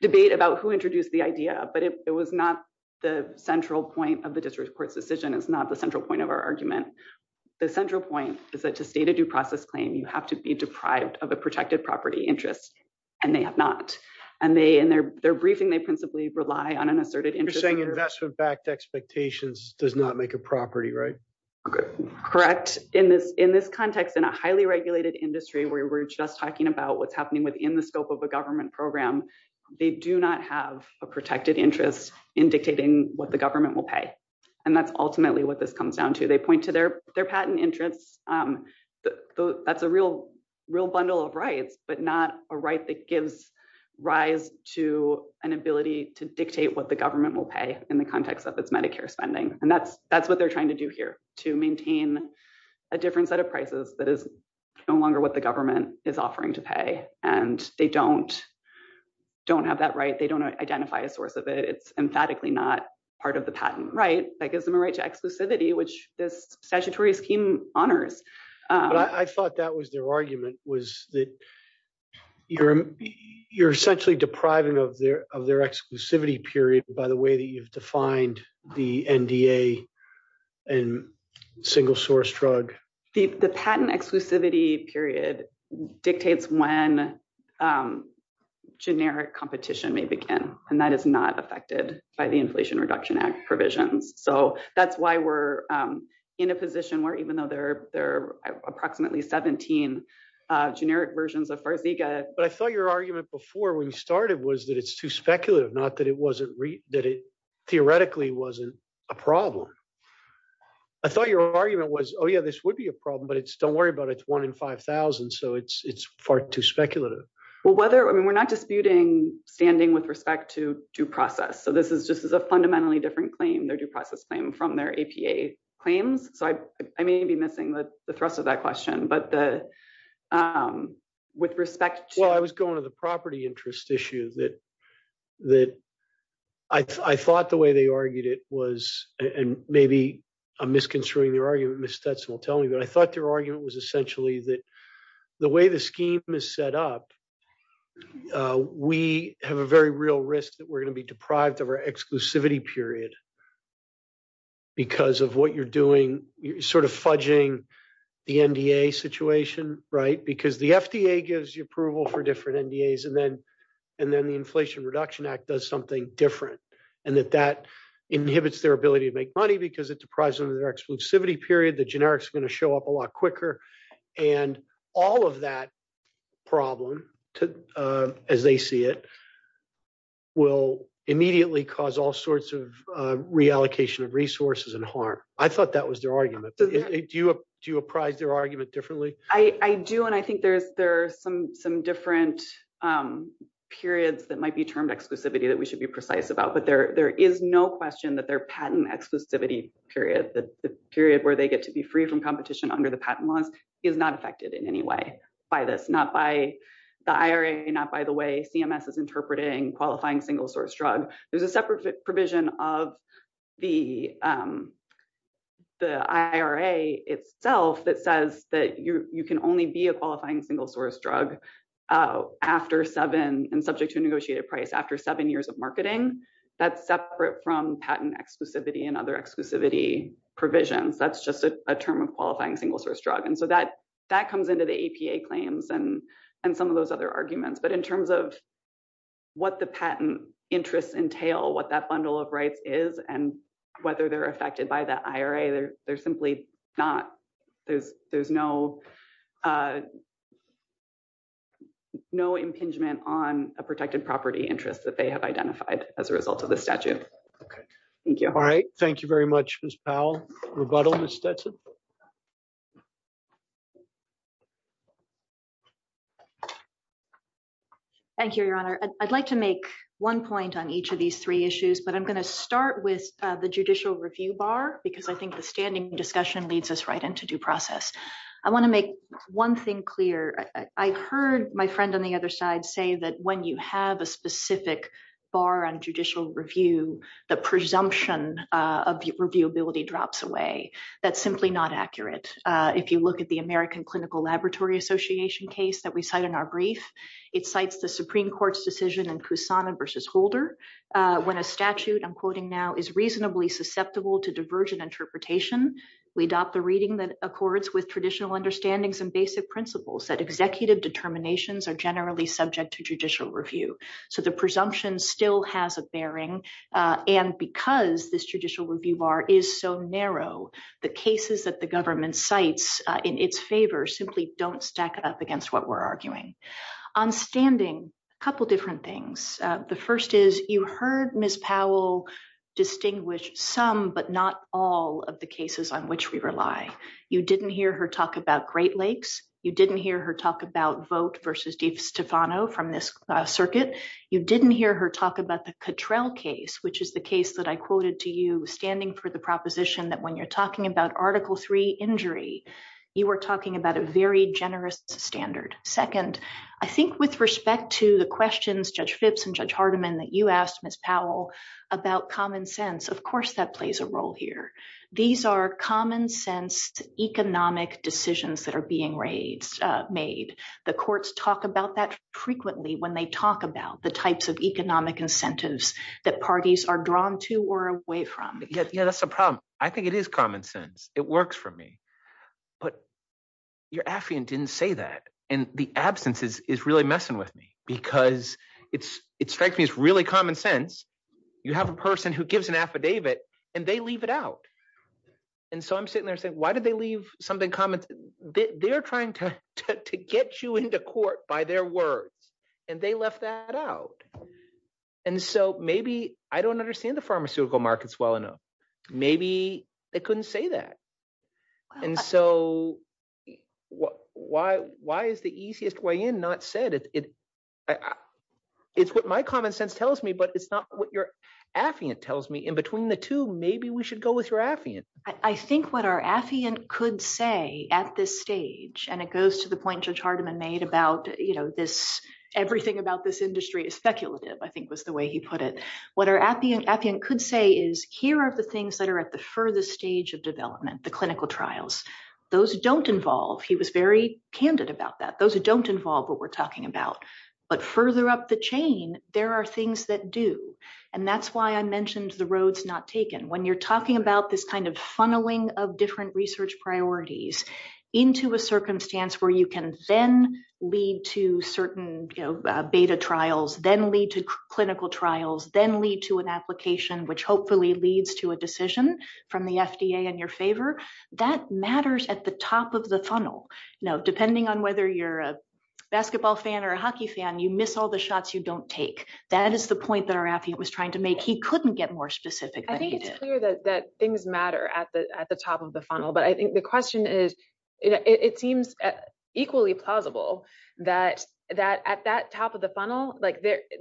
debate about who introduced the idea. But it was not the central point of the district court's decision. It's not the central point of our argument. The central point is that to state a due process claim, you have to be deprived of a protected property interest. And they have not. And in their briefing, they principally relied on an asserted interest. You're saying investment backed expectations does not make a property, right? Correct. In this context, in a highly regulated industry where we're just talking about what's happening within the scope of a government program, they do not have a protected interest indicating what the government will pay. And that's ultimately what this comes down to. They point to their patent interest. That's a real, real bundle of rights, but not a right that gives rise to an ability to dictate what the government will pay in the context of its Medicare spending. And that's that's what they're trying to do here to maintain a different set of prices that is no longer what the government is offering to pay. And they don't don't have that right. They don't identify a source of it. It's emphatically not part of the patent. Right. That gives them a right to exclusivity, which the statutory scheme honors. I thought that was their argument, was that you're you're essentially depriving of their of their exclusivity period by the way that you've defined the NDA and single source drug. The patent exclusivity period dictates when generic competition may begin, and that is not affected by the Inflation Reduction Act provision. So that's why we're in a position where even though there are approximately 17 generic versions of Virbiga. But I thought your argument before we started was that it's too speculative, not that it wasn't that it theoretically wasn't a problem. I thought your argument was, oh, yeah, this would be a problem, but it's don't worry about it. One in five thousand. So it's it's far too speculative. Well, whether I mean, we're not disputing standing with respect to due process. So this is just a fundamentally different claim, their due process claim from their APA claims. So I may be missing the thrust of that question. But with respect to. Well, I was going to the property interest issue that that I thought the way they argued it was and maybe I'm misconstruing their argument. Miss Stetson will tell me that I thought their argument was essentially that the way the scheme is set up. We have a very real risk that we're going to be deprived of our exclusivity period. Because of what you're doing, you're sort of fudging the NDA situation. Right, because the FDA gives you approval for different NDAs and then and then the Inflation Reduction Act does something different. And that that inhibits their ability to make money because it's a price on their exclusivity period. The generics are going to show up a lot quicker. And all of that problem, as they see it. Will immediately cause all sorts of reallocation of resources and harm. I thought that was their argument. Do you do you apprise their argument differently? I do. And I think there's there are some some different periods that might be termed exclusivity that we should be precise about. But there there is no question that their patent exclusivity period, the period where they get to be free from competition under the patent law, is not affected in any way by this. Not by the IRA, not by the way CMS is interpreting qualifying single source drug. There's a separate provision of the the IRA itself that says that you can only be a qualifying single source drug after seven and subject to a negotiated price after seven years of marketing. That's separate from patent exclusivity and other exclusivity provisions. That's just a term of qualifying single source drug. And so that that comes into the APA claims and and some of those other arguments. But in terms of what the patent interests entail, what that bundle of rights is and whether they're affected by that IRA, there's simply not. There's there's no. No impingement on a protected property interest that they have identified as a result of the statute. All right. Thank you very much, Ms. Powell. Rebuttal, Ms. Stetson. Thank you, Your Honor. I'd like to make one point on each of these three issues, but I'm going to start with the judicial review bar because I think the standing discussion leads us right into due process. I want to make one thing clear. I heard my friend on the other side say that when you have a specific bar on judicial review, the presumption of reviewability drops away. That's simply not accurate. If you look at the American Clinical Laboratory Association case that we cite in our brief, it cites the Supreme Court's decision in Kusama v. Holder. When a statute, I'm quoting now, is reasonably susceptible to diversion interpretation, we adopt the reading that accords with traditional understandings and basic principles that executive determinations are generally subject to judicial review. So the presumption still has a bearing. And because this judicial review bar is so narrow, the cases that the government cites in its favor simply don't stack up against what we're arguing. On standing, a couple different things. The first is you heard Ms. Powell distinguish some but not all of the cases on which we rely. You didn't hear her talk about Great Lakes. You didn't hear her talk about Vogt v. DeStefano from this circuit. You didn't hear her talk about the Cottrell case, which is the case that I quoted to you standing for the proposition that when you're talking about Article III injury, you were talking about a very generous standard. Second, I think with respect to the questions, Judge Fitz and Judge Hardiman, that you asked Ms. Powell about common sense, of course that plays a role here. These are common sense economic decisions that are being made. The courts talk about that frequently when they talk about the types of economic incentives that parties are drawn to or away from. That's the problem. I think it is common sense. It works for me. But your affidavit didn't say that, and the absence is really messing with me because it strikes me as really common sense. You have a person who gives an affidavit, and they leave it out. And so I'm sitting there saying, why did they leave something common? They're trying to get you into court by their words, and they left that out. And so maybe I don't understand the pharmaceutical markets well enough. Maybe they couldn't say that. And so why is the easiest way in not said? It's what my common sense tells me, but it's not what your affiant tells me. In between the two, maybe we should go with your affiant. I think what our affiant could say at this stage, and it goes to the point Judge Hardiman made about everything about this industry is speculative, I think was the way he put it. What our affiant could say is, here are the things that are at the furthest stage of development, the clinical trials. Those don't involve, he was very candid about that, those don't involve what we're talking about. But further up the chain, there are things that do. And that's why I mentioned the road's not taken. When you're talking about this kind of funneling of different research priorities into a circumstance where you can then lead to certain beta trials, then lead to clinical trials, then lead to an application, which hopefully leads to a decision from the FDA in your favor, that matters at the top of the funnel. Now, depending on whether you're a basketball fan or a hockey fan, you miss all the shots you don't take. That is the point that our affiant was trying to make. He couldn't get more specific than he did. It's not clear that things matter at the top of the funnel, but I think the question is, it seems equally plausible that at that top of the funnel,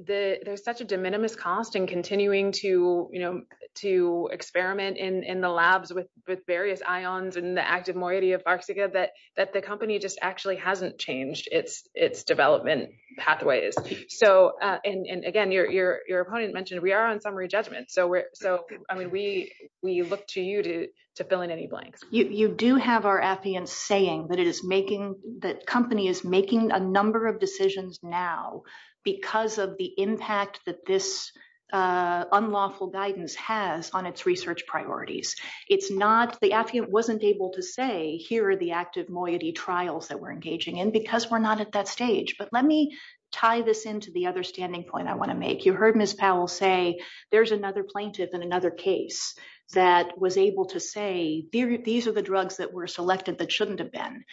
there's such a de minimis cost in continuing to experiment in the labs with various ions and the active moiety of Farxiga, that the company just actually hasn't changed its development pathways. Again, your opponent mentioned we are on summary judgment. We look to you to fill in any blanks. You do have our affiant saying that the company is making a number of decisions now because of the impact that this unlawful guidance has on its research priorities. The affiant wasn't able to say, here are the active moiety trials that we're engaging in because we're not at that stage. But let me tie this into the other standing point I want to make. You heard Ms. Powell say, there's another plaintiff in another case that was able to say, these are the drugs that were selected that shouldn't have been.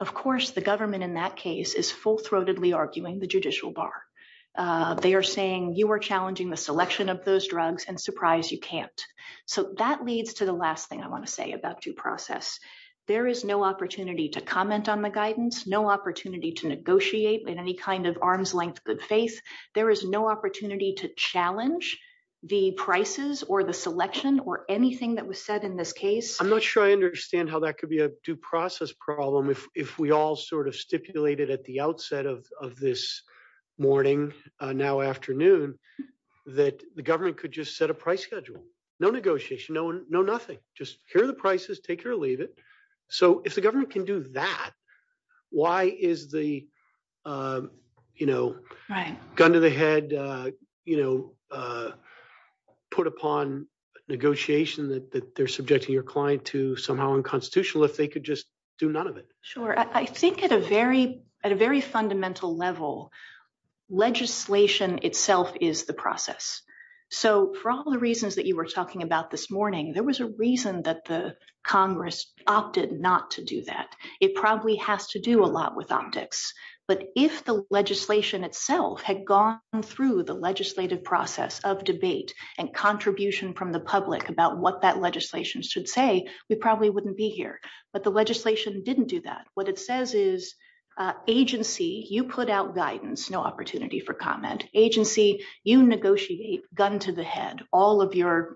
Of course, the government in that case is full-throatedly arguing the judicial bar. They are saying, you are challenging the selection of those drugs, and surprise, you can't. So that leads to the last thing I want to say about due process. There is no opportunity to comment on the guidance, no opportunity to negotiate in any kind of arm's-length good faith. There is no opportunity to challenge the prices or the selection or anything that was said in this case. I'm not sure I understand how that could be a due process problem if we all sort of stipulated at the outset of this morning, now afternoon, that the government could just set a price schedule. No negotiation, no nothing. Just hear the prices, take or leave it. So if the government can do that, why is the gun to the head put upon negotiation that they're subjecting your client to somehow unconstitutional if they could just do none of it? Sure. I think at a very fundamental level, legislation itself is the process. So for all the reasons that you were talking about this morning, there was a reason that the Congress opted not to do that. It probably has to do a lot with optics. But if the legislation itself had gone through the legislative process of debate and contribution from the public about what that legislation should say, we probably wouldn't be here. But the legislation didn't do that. What it says is agency, you put out guidance, no opportunity for comment. Agency, you negotiate gun to the head. All of your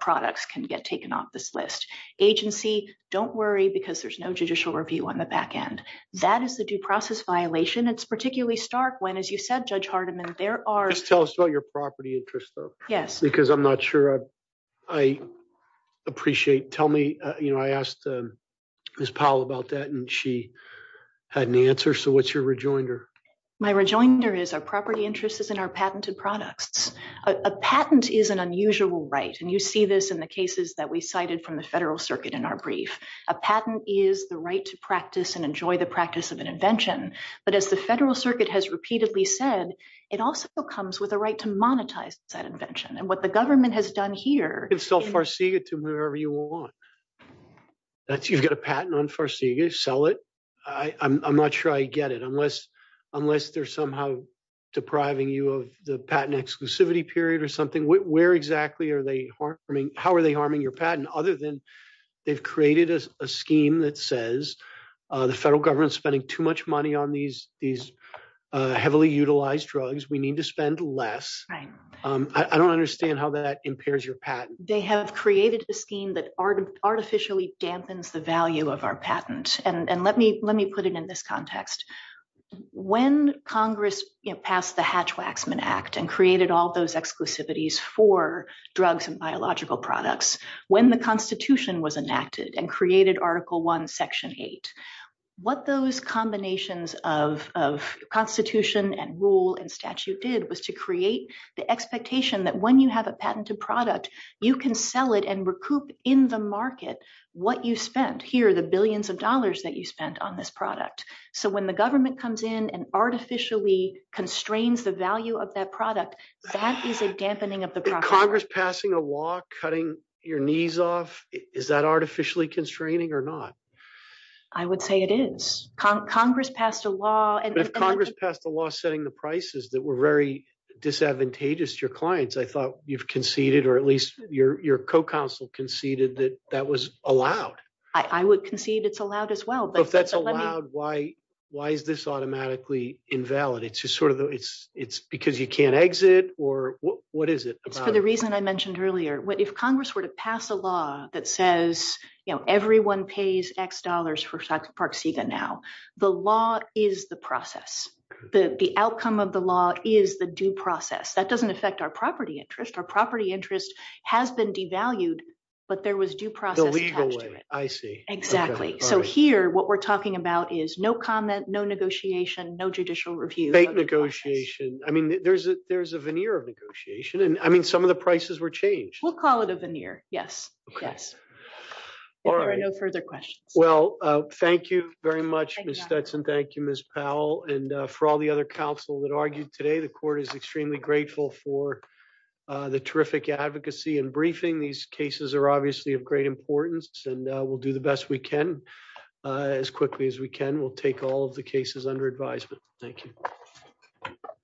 products can get taken off this list. Agency, don't worry because there's no judicial review on the back end. That is the due process violation. It's particularly stark when, as you said, Judge Hardiman, there are- Yes. Because I'm not sure I appreciate. Tell me, I asked Ms. Powell about that and she had an answer. So what's your rejoinder? My rejoinder is our property interest is in our patented products. A patent is an unusual right. And you see this in the cases that we cited from the Federal Circuit in our brief. A patent is the right to practice and enjoy the practice of an invention. But as the Federal Circuit has repeatedly said, it also comes with a right to monetize that invention. And what the government has done here- I don't understand how that impairs your patent. They have created a scheme that artificially dampens the value of our patent. And let me put it in this context. When Congress passed the Hatch-Waxman Act and created all those exclusivities for drugs and biological products, when the Constitution was enacted and created Article I, Section 8, what those combinations of Constitution and rule and statute did was to create the expectation that when you have a patented product, you can sell it and recoup in the market what you spent. Here are the billions of dollars that you spent on this product. So when the government comes in and artificially constrains the value of that product, that is a dampening of the process. Is Congress passing a law cutting your knees off? Is that artificially constraining or not? I would say it is. Congress passed a law- That was very disadvantageous to your clients. I thought you've conceded or at least your co-counsel conceded that that was allowed. I would concede it's allowed as well. If that's allowed, why is this automatically invalid? It's because you can't exit or what is it? It's for the reason I mentioned earlier. If Congress were to pass a law that says everyone pays X dollars for Park Sega now, the law is the process. The outcome of the law is the due process. That doesn't affect our property interest. Our property interest has been devalued, but there was due process attached to it. The legal way. I see. Exactly. So here, what we're talking about is no comment, no negotiation, no judicial review. There's a veneer of negotiation. I mean, some of the prices were changed. We'll call it a veneer. Yes. All right. No further questions. Well, thank you very much, Ms. Stetson. Thank you, Ms. Powell. And for all the other counsel that argued today, the court is extremely grateful for the terrific advocacy and briefing. These cases are obviously of great importance and we'll do the best we can as quickly as we can. We'll take all of the cases under advisement. Thank you.